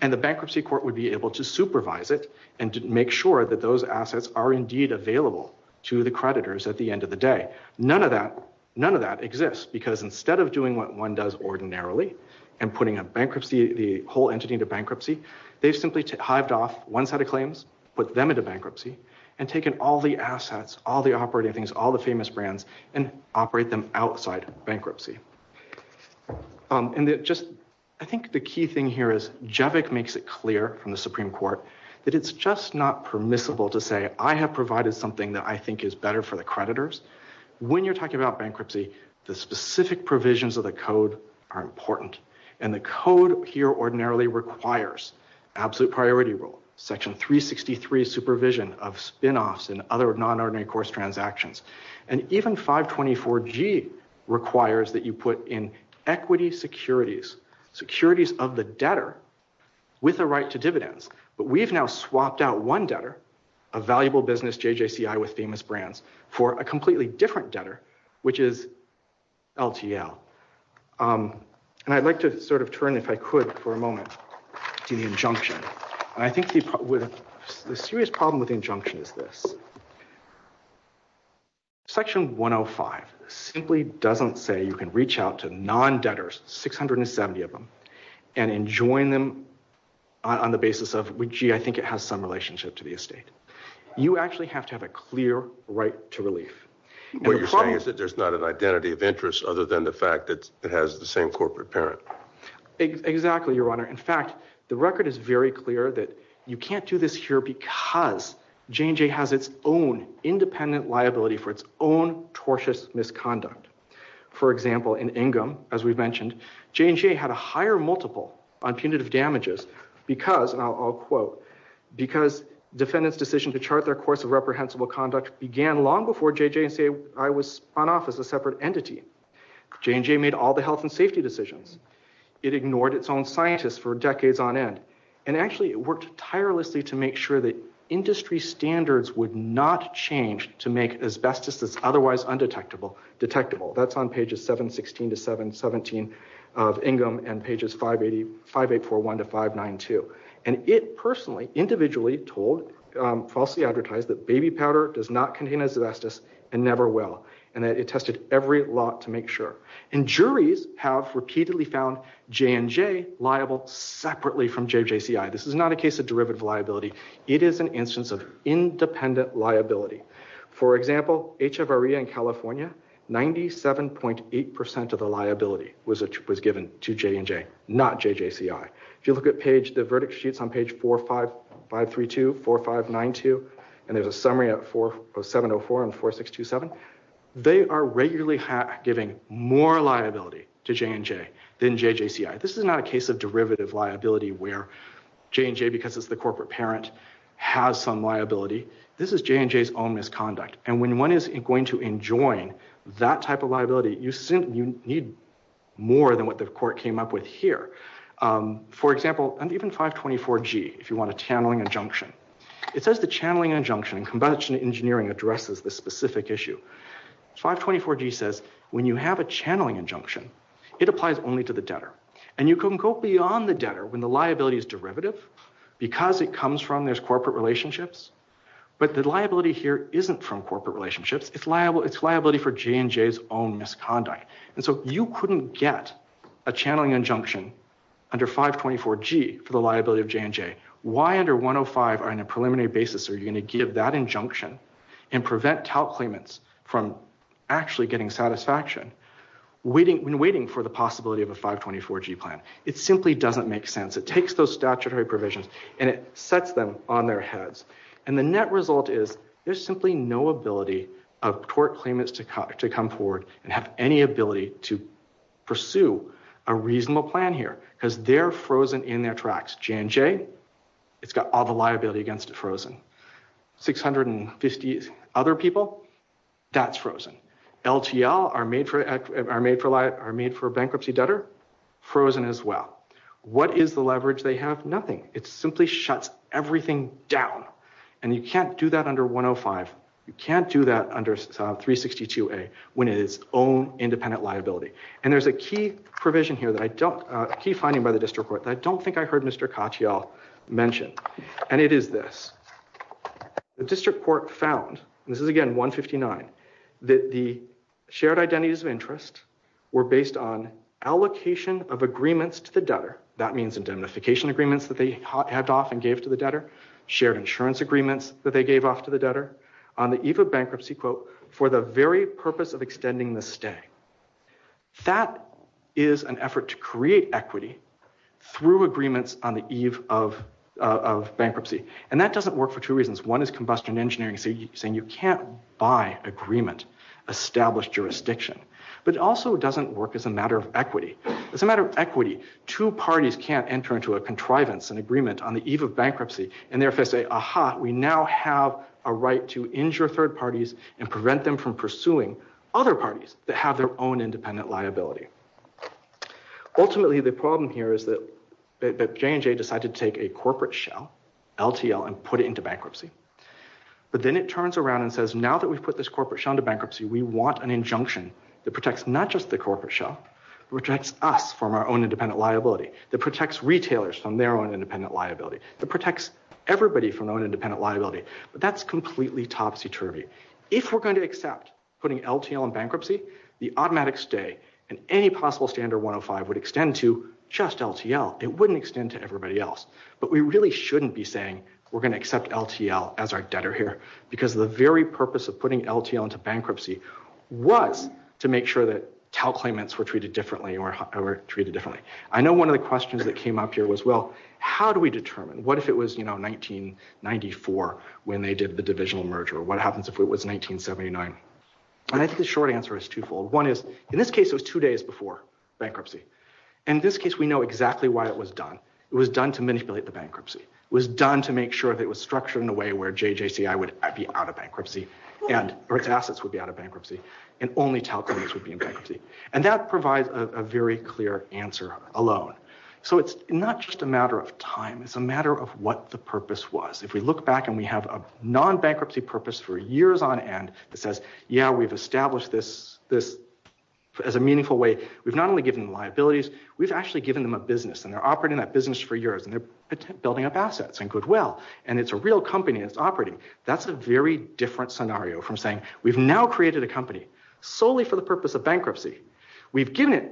and the bankruptcy court would be able to supervise it and to make sure that those assets are indeed available to the creditors at the end of the day. None of that exists, because instead of doing what one does ordinarily and putting the whole entity into bankruptcy, they've simply hived off one set of claims, put them into bankruptcy, and taken all the assets, all the operating things, all the famous brands, and operate them outside bankruptcy. And I think the key thing here is Javik makes it clear from the Supreme Court that it's just not permissible to say, I have provided something that I think is better for the creditors. When you're talking about the specific provisions of the code are important. And the code here ordinarily requires absolute priority rule, Section 363 supervision of spin offs and other non-ordinary course transactions. And even 524G requires that you put in equity securities, securities of the debtor with a right to dividends. But we've now swapped out one debtor, a valuable business, JJCI with famous brands, for a completely different debtor, which is LTL. And I'd like to sort of turn, if I could for a moment, to the injunction. I think the serious problem with injunction is this. Section 105 simply doesn't say you can reach out to non-debtors, 670 of them, and enjoin them on the basis of, gee, I think it has some relationship to the estate. You actually have to have a clear right to relief. What you're saying is that there's not an identity of interest other than the fact that it has the same corporate parent. Exactly, Your Honor. In fact, the record is very clear that you can't do this here because J&J has its own independent liability for its own tortious misconduct. For example, in Ingham, as we've mentioned, J&J had a higher multiple on punitive damages because, and I'll quote, because defendants' decision to chart their course of reprehensible conduct began long before JJCI was on office as a separate entity. J&J made all the health and safety decisions. It ignored its own scientists for decades on end. And actually, it worked tirelessly to make sure that industry standards would not change to make asbestos as otherwise undetectable detectable. That's on pages 716 to 717 of Ingham and pages 5841 to 592. And it personally, individually told, falsely advertised that baby powder does not contain asbestos and never will. And it tested every lot to make sure. And juries have repeatedly found J&J liable separately from JJCI. This is not a case of derivative liability. It is an instance of independent liability. For example, HFRE in California, 97.8% of the liability was given to J&J, not JJCI. If you look at the verdict sheets on page 45532, 4592, and there's a summary at 40704 and 4627, they are regularly giving more liability to J&J than JJCI. This is not a case of derivative liability where J&J, because it's the corporate parent, has some liability. This is J&J's ominous conduct. And when one is going to enjoin that type of liability, you need more than what the court came up with here. For example, and even 524G, if you want a channeling injunction. It says the channeling injunction in Combustion Engineering addresses the specific issue. 524G says when you have a channeling injunction, it applies only to the debtor. And you can go beyond the debtor when the liability is derivative because it comes from these corporate relationships. But the liability here isn't from corporate relationships. It's liability for J&J's own misconduct. And so you couldn't get a channeling injunction under 524G for the liability of J&J. Why under 105 on a preliminary basis are you going to give that injunction and prevent tout claimants from actually getting satisfaction when waiting for the possibility of a 524G plan? It simply doesn't make sense. It takes those statutory provisions and it sets them on their heads. And the net result is there's simply no ability of court claimants to come forward and have any ability to pursue a reasonable plan here because they're frozen in their tracks. J&J, it's got all the liability against it frozen. 650 other people, that's frozen. LTL are made for bankruptcy debtor, frozen as well. What is the leverage they have? Nothing. It simply shuts everything down. And you can't do that under 105. You can't do that under 362A when it is own independent liability. And there's a key provision here that I don't, a key finding by the district court that I don't think I heard Mr. Kochial mention. And it is this. The district court found, and this is again 159, that the shared identities of interest were based on allocation of agreements to the debtor. That means indemnification agreements that they had off and gave to the debtor, shared insurance agreements that they gave off to the debtor on the eve of bankruptcy, quote, for the very purpose of extending the stay. That is an effort to create equity through agreements on the eve of bankruptcy. And that doesn't work for two reasons. One is combustion engineering saying you can't buy agreement, establish jurisdiction. But it also doesn't work as a matter of equity. As a matter of equity, two parties can't enter into a contrivance, an agreement on the eve of bankruptcy and therefore say, aha, we now have a right to injure third parties and prevent them from pursuing other parties that have their own independent liability. Ultimately, the problem here is that J&J decided to take a corporate shell, LTL, and put it into bankruptcy. But then it turns around and says, now that we've put this corporate shell into bankruptcy, we want an injunction that protects not just the corporate shell, protects us from our own independent liability, that protects retailers from their own independent liability, that protects everybody from their own independent liability. But that's completely topsy-turvy. If we're going to accept putting LTL in bankruptcy, the automatic stay in any possible standard 105 would extend to just LTL. It wouldn't extend to everybody else. But we really shouldn't be saying we're going to accept LTL as our debtor here because the very purpose of putting LTL into bankruptcy was to make sure that TAL claimants were treated differently or were treated differently. I know one of the questions that came up here was, well, how do we determine? What if it was 1994 when they did the divisional merger? What happens if it was 1979? And I think the short answer is twofold. One is, in this case, it was two days before bankruptcy. In this case, we know exactly why it was done. It was done to manipulate the bankruptcy. It was done to make sure that it was structured in a way where JJCI would be out of bankruptcy and Berks Assets would be out of bankruptcy and only TAL claimants would be in bankruptcy. And that provides a very clear answer alone. So it's not just a matter of time. It's a matter of what the purpose was. If we look back and we have a non-bankruptcy purpose for years on end that says, yeah, we've established this as a meaningful way. We've not only given them liabilities. We've actually given them a business. And they're operating that business for years. And they're building up assets and goodwill. And it's a real company that's operating. That's a very different scenario from saying, we've now created a company solely for the purpose of bankruptcy. We've given it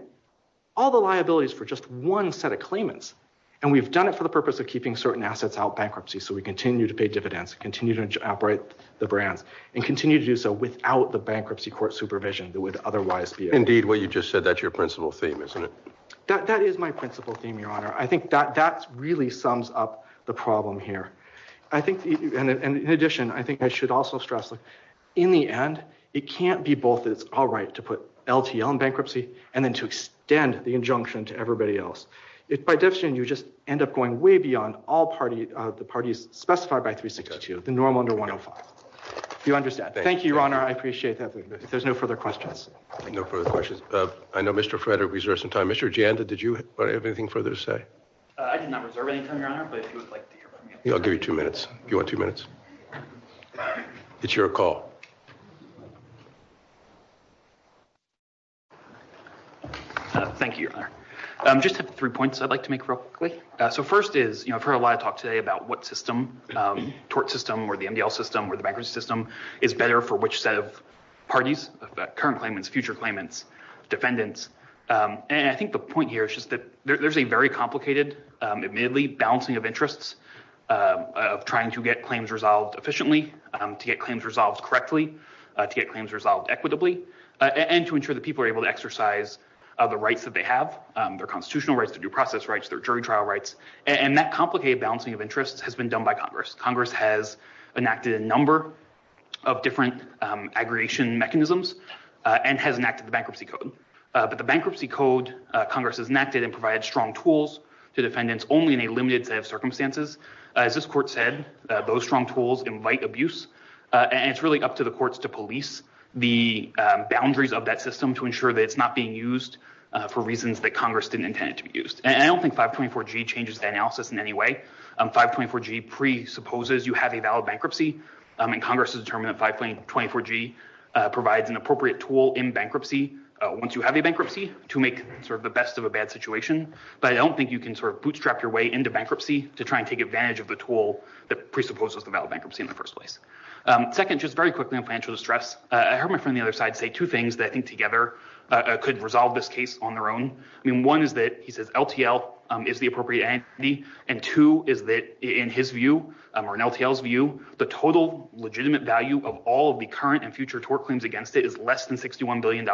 all the liabilities for just one set of claimants. And we've done it for the purpose of keeping certain assets out of bankruptcy. So we continue to pay dividends, continue to operate the brand, and continue to do so without the bankruptcy court supervision that would otherwise be. Indeed, what you just said, that's your principal theme, isn't it? That is my principal theme, Your Honor. I think that really sums up the problem here. And in addition, I think I should also stress that in the end, it can't be both is all right to put LTL in bankruptcy and then to extend the injunction to everybody else. If by definition, you just end up going way beyond all parties, the parties specified by 362, the normal under 105. Do you understand? Thank you, Your Honor. I appreciate that. If there's no further questions. No further questions. I know Mr. Frederick reserved some time. Mr. Janda, did you have anything further to say? I did not reserve any time, Your Honor. I'll give you two minutes. You want two minutes? It's your call. Thank you, Your Honor. Just three points I'd like to make real quickly. So first is, you know, I've heard a lot of talk today about what system, tort system or the MDL system or the bankruptcy system is better for which set of parties, current claimants, future claimants, defendants. And I think there's a very complicated, admittedly, balancing of interests of trying to get claims resolved efficiently, to get claims resolved correctly, to get claims resolved equitably, and to ensure that people are able to exercise the rights that they have, their constitutional rights, their due process rights, their jury trial rights. And that complicated balancing of interests has been done by Congress. Congress has enacted a number of different aggravation mechanisms and has enacted the bankruptcy code. But the bankruptcy code, Congress has enacted and provided strong tools to defendants only in a limited set of circumstances. As this court said, those strong tools invite abuse. And it's really up to the courts to police the boundaries of that system to ensure that it's not being used for reasons that Congress didn't intend to be used. And I don't think 524G changes the analysis in any way. 524G presupposes you have a valid bankruptcy. And Congress has determined that 524G provides an appropriate tool in bankruptcy, once you have a bankruptcy, to make sort of the best of a bad situation. But I don't think you can sort of bootstrap your way into bankruptcy to try and take advantage of the tool that presupposes a valid bankruptcy in the first place. Second, just very quickly on financial distress, I heard my friend on the other side say two things that I think together could resolve this case on their own. I mean, one is that he says LTL is the appropriate entity. And two is that in his view, or in LTL's view, the total legitimate value of all of the current and future tort claims against it is less than $61 billion,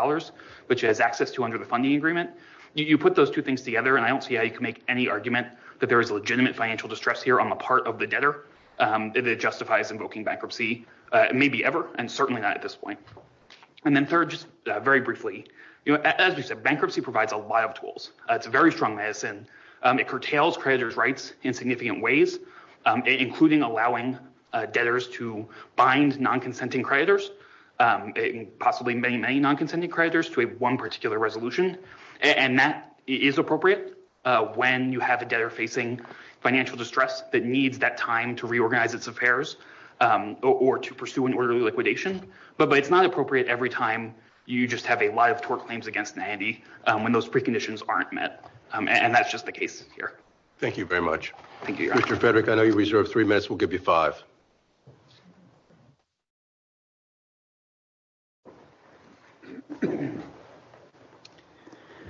which it has access to under the funding agreement. You put those two things together, and I don't see how you can make any argument that there is a legitimate financial distress here on the part of the debtor that it justifies invoking bankruptcy, maybe ever, and certainly not at this point. And then third, just very briefly, as we said, bankruptcy provides a lot of tools. It's a very strong medicine. It curtails creditors' rights in significant ways, including allowing debtors to bind non-consenting creditors, possibly many, many non-consenting creditors to one particular resolution. And that is appropriate when you have a debtor facing financial distress that needs that time to reorganize its affairs or to pursue an orderly liquidation. But it's not appropriate every time you just have a lot of tort claims against an entity when those preconditions aren't met. And that's just the case here. Thank you very much. Thank you. Mr. Frederick, I know you reserved three minutes. We'll give you five.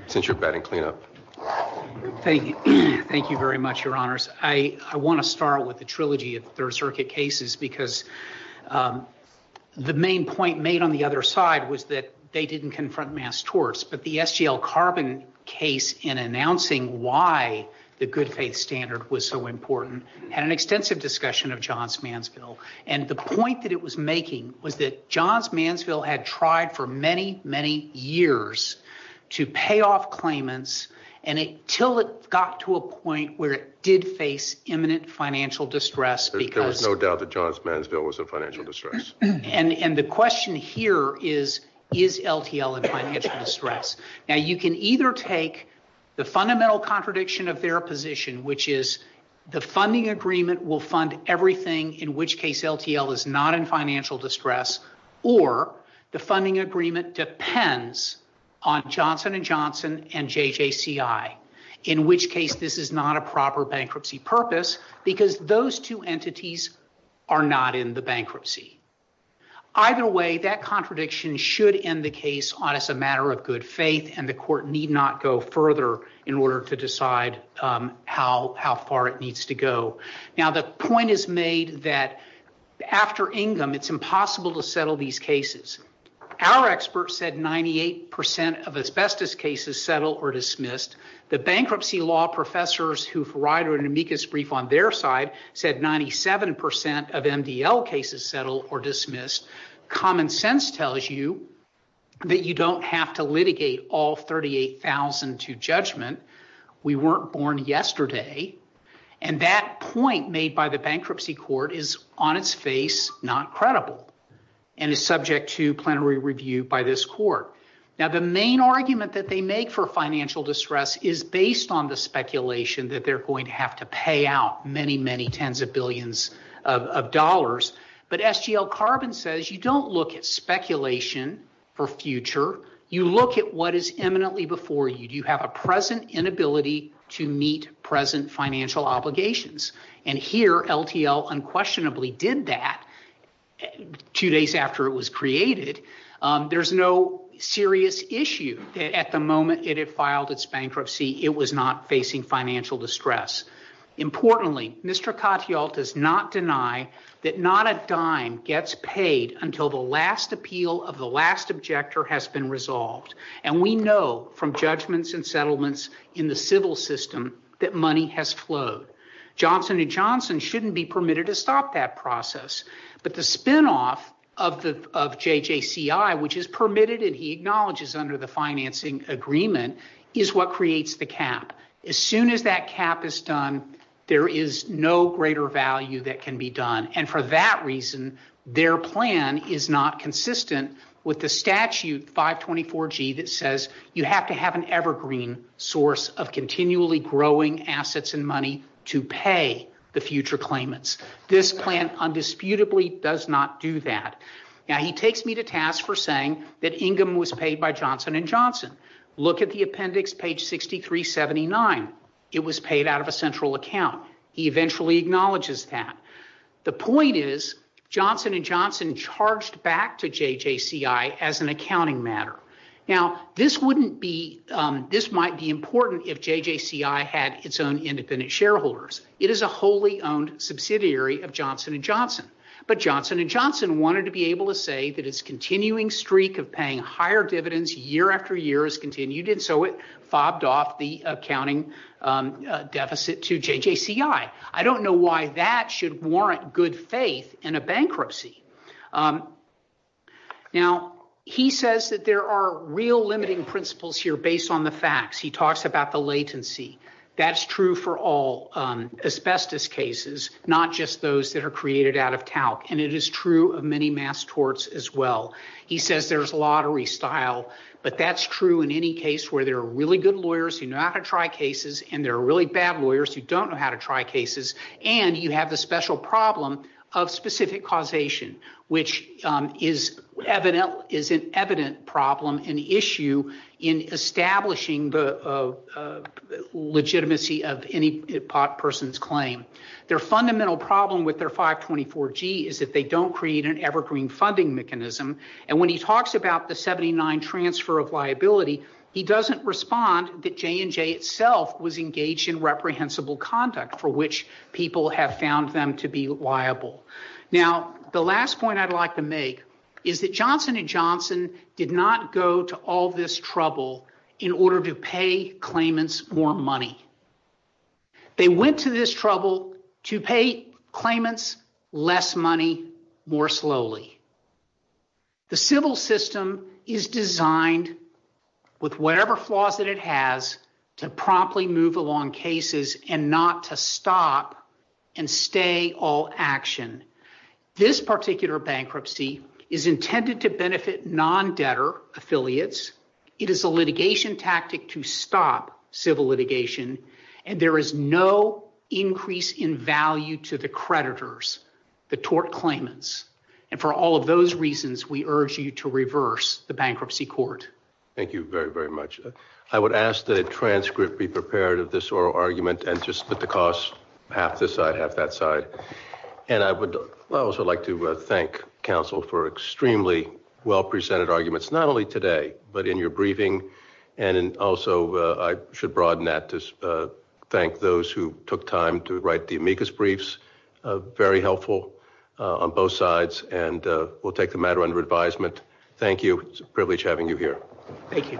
Since you're batting, clean up. Thank you very much, Your Honors. I want to start with the trilogy of Third Circuit cases because the main point made on the other side was that they didn't confront mass torts. But the SGL Carbon case in announcing why the good faith standard was so important had an extensive discussion of Johns Mansfield. And the point that it was making was that Johns Mansfield had tried for many, many years to pay off claimants until it got to a point where it did face imminent financial distress. There was no doubt that Johns Mansfield was in financial distress. And the question here is, is LTL in financial distress? Now, you can either take the fundamental contradiction of their position, which is the funding agreement will fund everything, in which case LTL is not in financial distress, or the funding agreement depends on Johnson & Johnson and JJCI, in which case this is not a proper bankruptcy purpose because those two entities are not in the bankruptcy. Either way, that contradiction should end the case on as a matter of good faith and the court need not go further in order to decide how far it needs to go. Now, the point is made that after Ingham, it's impossible to settle these cases. Our experts said 98% of asbestos cases settle or dismissed. The bankruptcy law professors who provided an amicus brief on their side said 97% of MDL cases settle or dismissed. Common sense tells you that you don't have to litigate all 38,000 to judgment. We weren't born yesterday. And that point made by the bankruptcy court is on its face not credible and is subject to plenary review by this court. Now, the main argument that they make for financial distress is based on the speculation that they're going to have to pay out many, many tens of billions of dollars. But SGL Carbon says you don't look at speculation for future. You look at what is imminently before you. Do you have a present inability to meet present financial obligations? And here, LTL unquestionably did that two days after it was created. There's no serious issue at the moment it had filed its bankruptcy. It was not facing financial distress. Importantly, Mr. Katyal does not deny that not a dime gets paid until the last appeal of the last objector has been resolved. And we know from judgments and settlements in the civil system that money has flowed. Johnson & Johnson shouldn't be permitted to stop that process. But the spinoff of JJCI, which is permitted and he acknowledges under the financing agreement, is what creates the cap. As soon as that cap is done, there is no greater value that can be done. And for that reason, their plan is not consistent with the statute 524G that says you have to have an evergreen source of continually growing assets and money to pay the future claimants. This plan undisputably does not do that. Now, he takes me to task for saying that Ingram was paid by Johnson & Johnson. Look at the appendix, page 6379. It was paid out of a central account. He eventually acknowledges that. The point is Johnson & Johnson charged back to JJCI as an accounting matter. Now, this wouldn't be, this might be important if JJCI had its own independent shareholders. It is a wholly owned subsidiary of Johnson & Johnson. But Johnson & Johnson wanted to be able to say that its continuing streak of paying higher dividends year after year has continued and so it bobbed off the accounting deficit to JJCI. I don't know why that should warrant good faith in a bankruptcy. Now, he says that there are real limiting principles here based on the facts. He talks about the latency. That's true for all asbestos cases, not just those that are created out of talc. And it is true of many mass torts as well. He says there's lottery style. But that's true in any case where there are really good lawyers who know how to try cases and there are really bad lawyers who don't know how to try cases. And you have the special problem of specific causation, which is evident, is an evident problem and issue in establishing the legitimacy of any person's claim. Their fundamental problem with their 524G is that they don't create an evergreen funding mechanism. And when he talks about the 79 transfer of liability, he doesn't respond that J&J itself was engaged in reprehensible conduct for which people have found them to be liable. Now, the last point I'd like to make is that Johnson & Johnson did not go to all this trouble in order to pay claimants more money. They went to this trouble to pay claimants less money more slowly. The civil system is designed with whatever flaws that it has to promptly move along cases and not to stop and stay all action. This particular bankruptcy is intended to benefit non-debtor affiliates. It is a litigation tactic to stop civil litigation. And there is no increase in value to the creditors, the tort claimants. And for all of those reasons, we urge you to reverse the bankruptcy court. Thank you very, very much. I would ask that a transcript be prepared of this oral argument and put the cost half this side, half that side. And I would also like to thank counsel for extremely well-presented arguments, not only today, but in your briefing. And also, I should broaden that to thank those who took time to write the amicus briefs. Very helpful on both sides. And we'll take the matter under advisement. Thank you. It's a privilege having you here. Thank you. Thank you.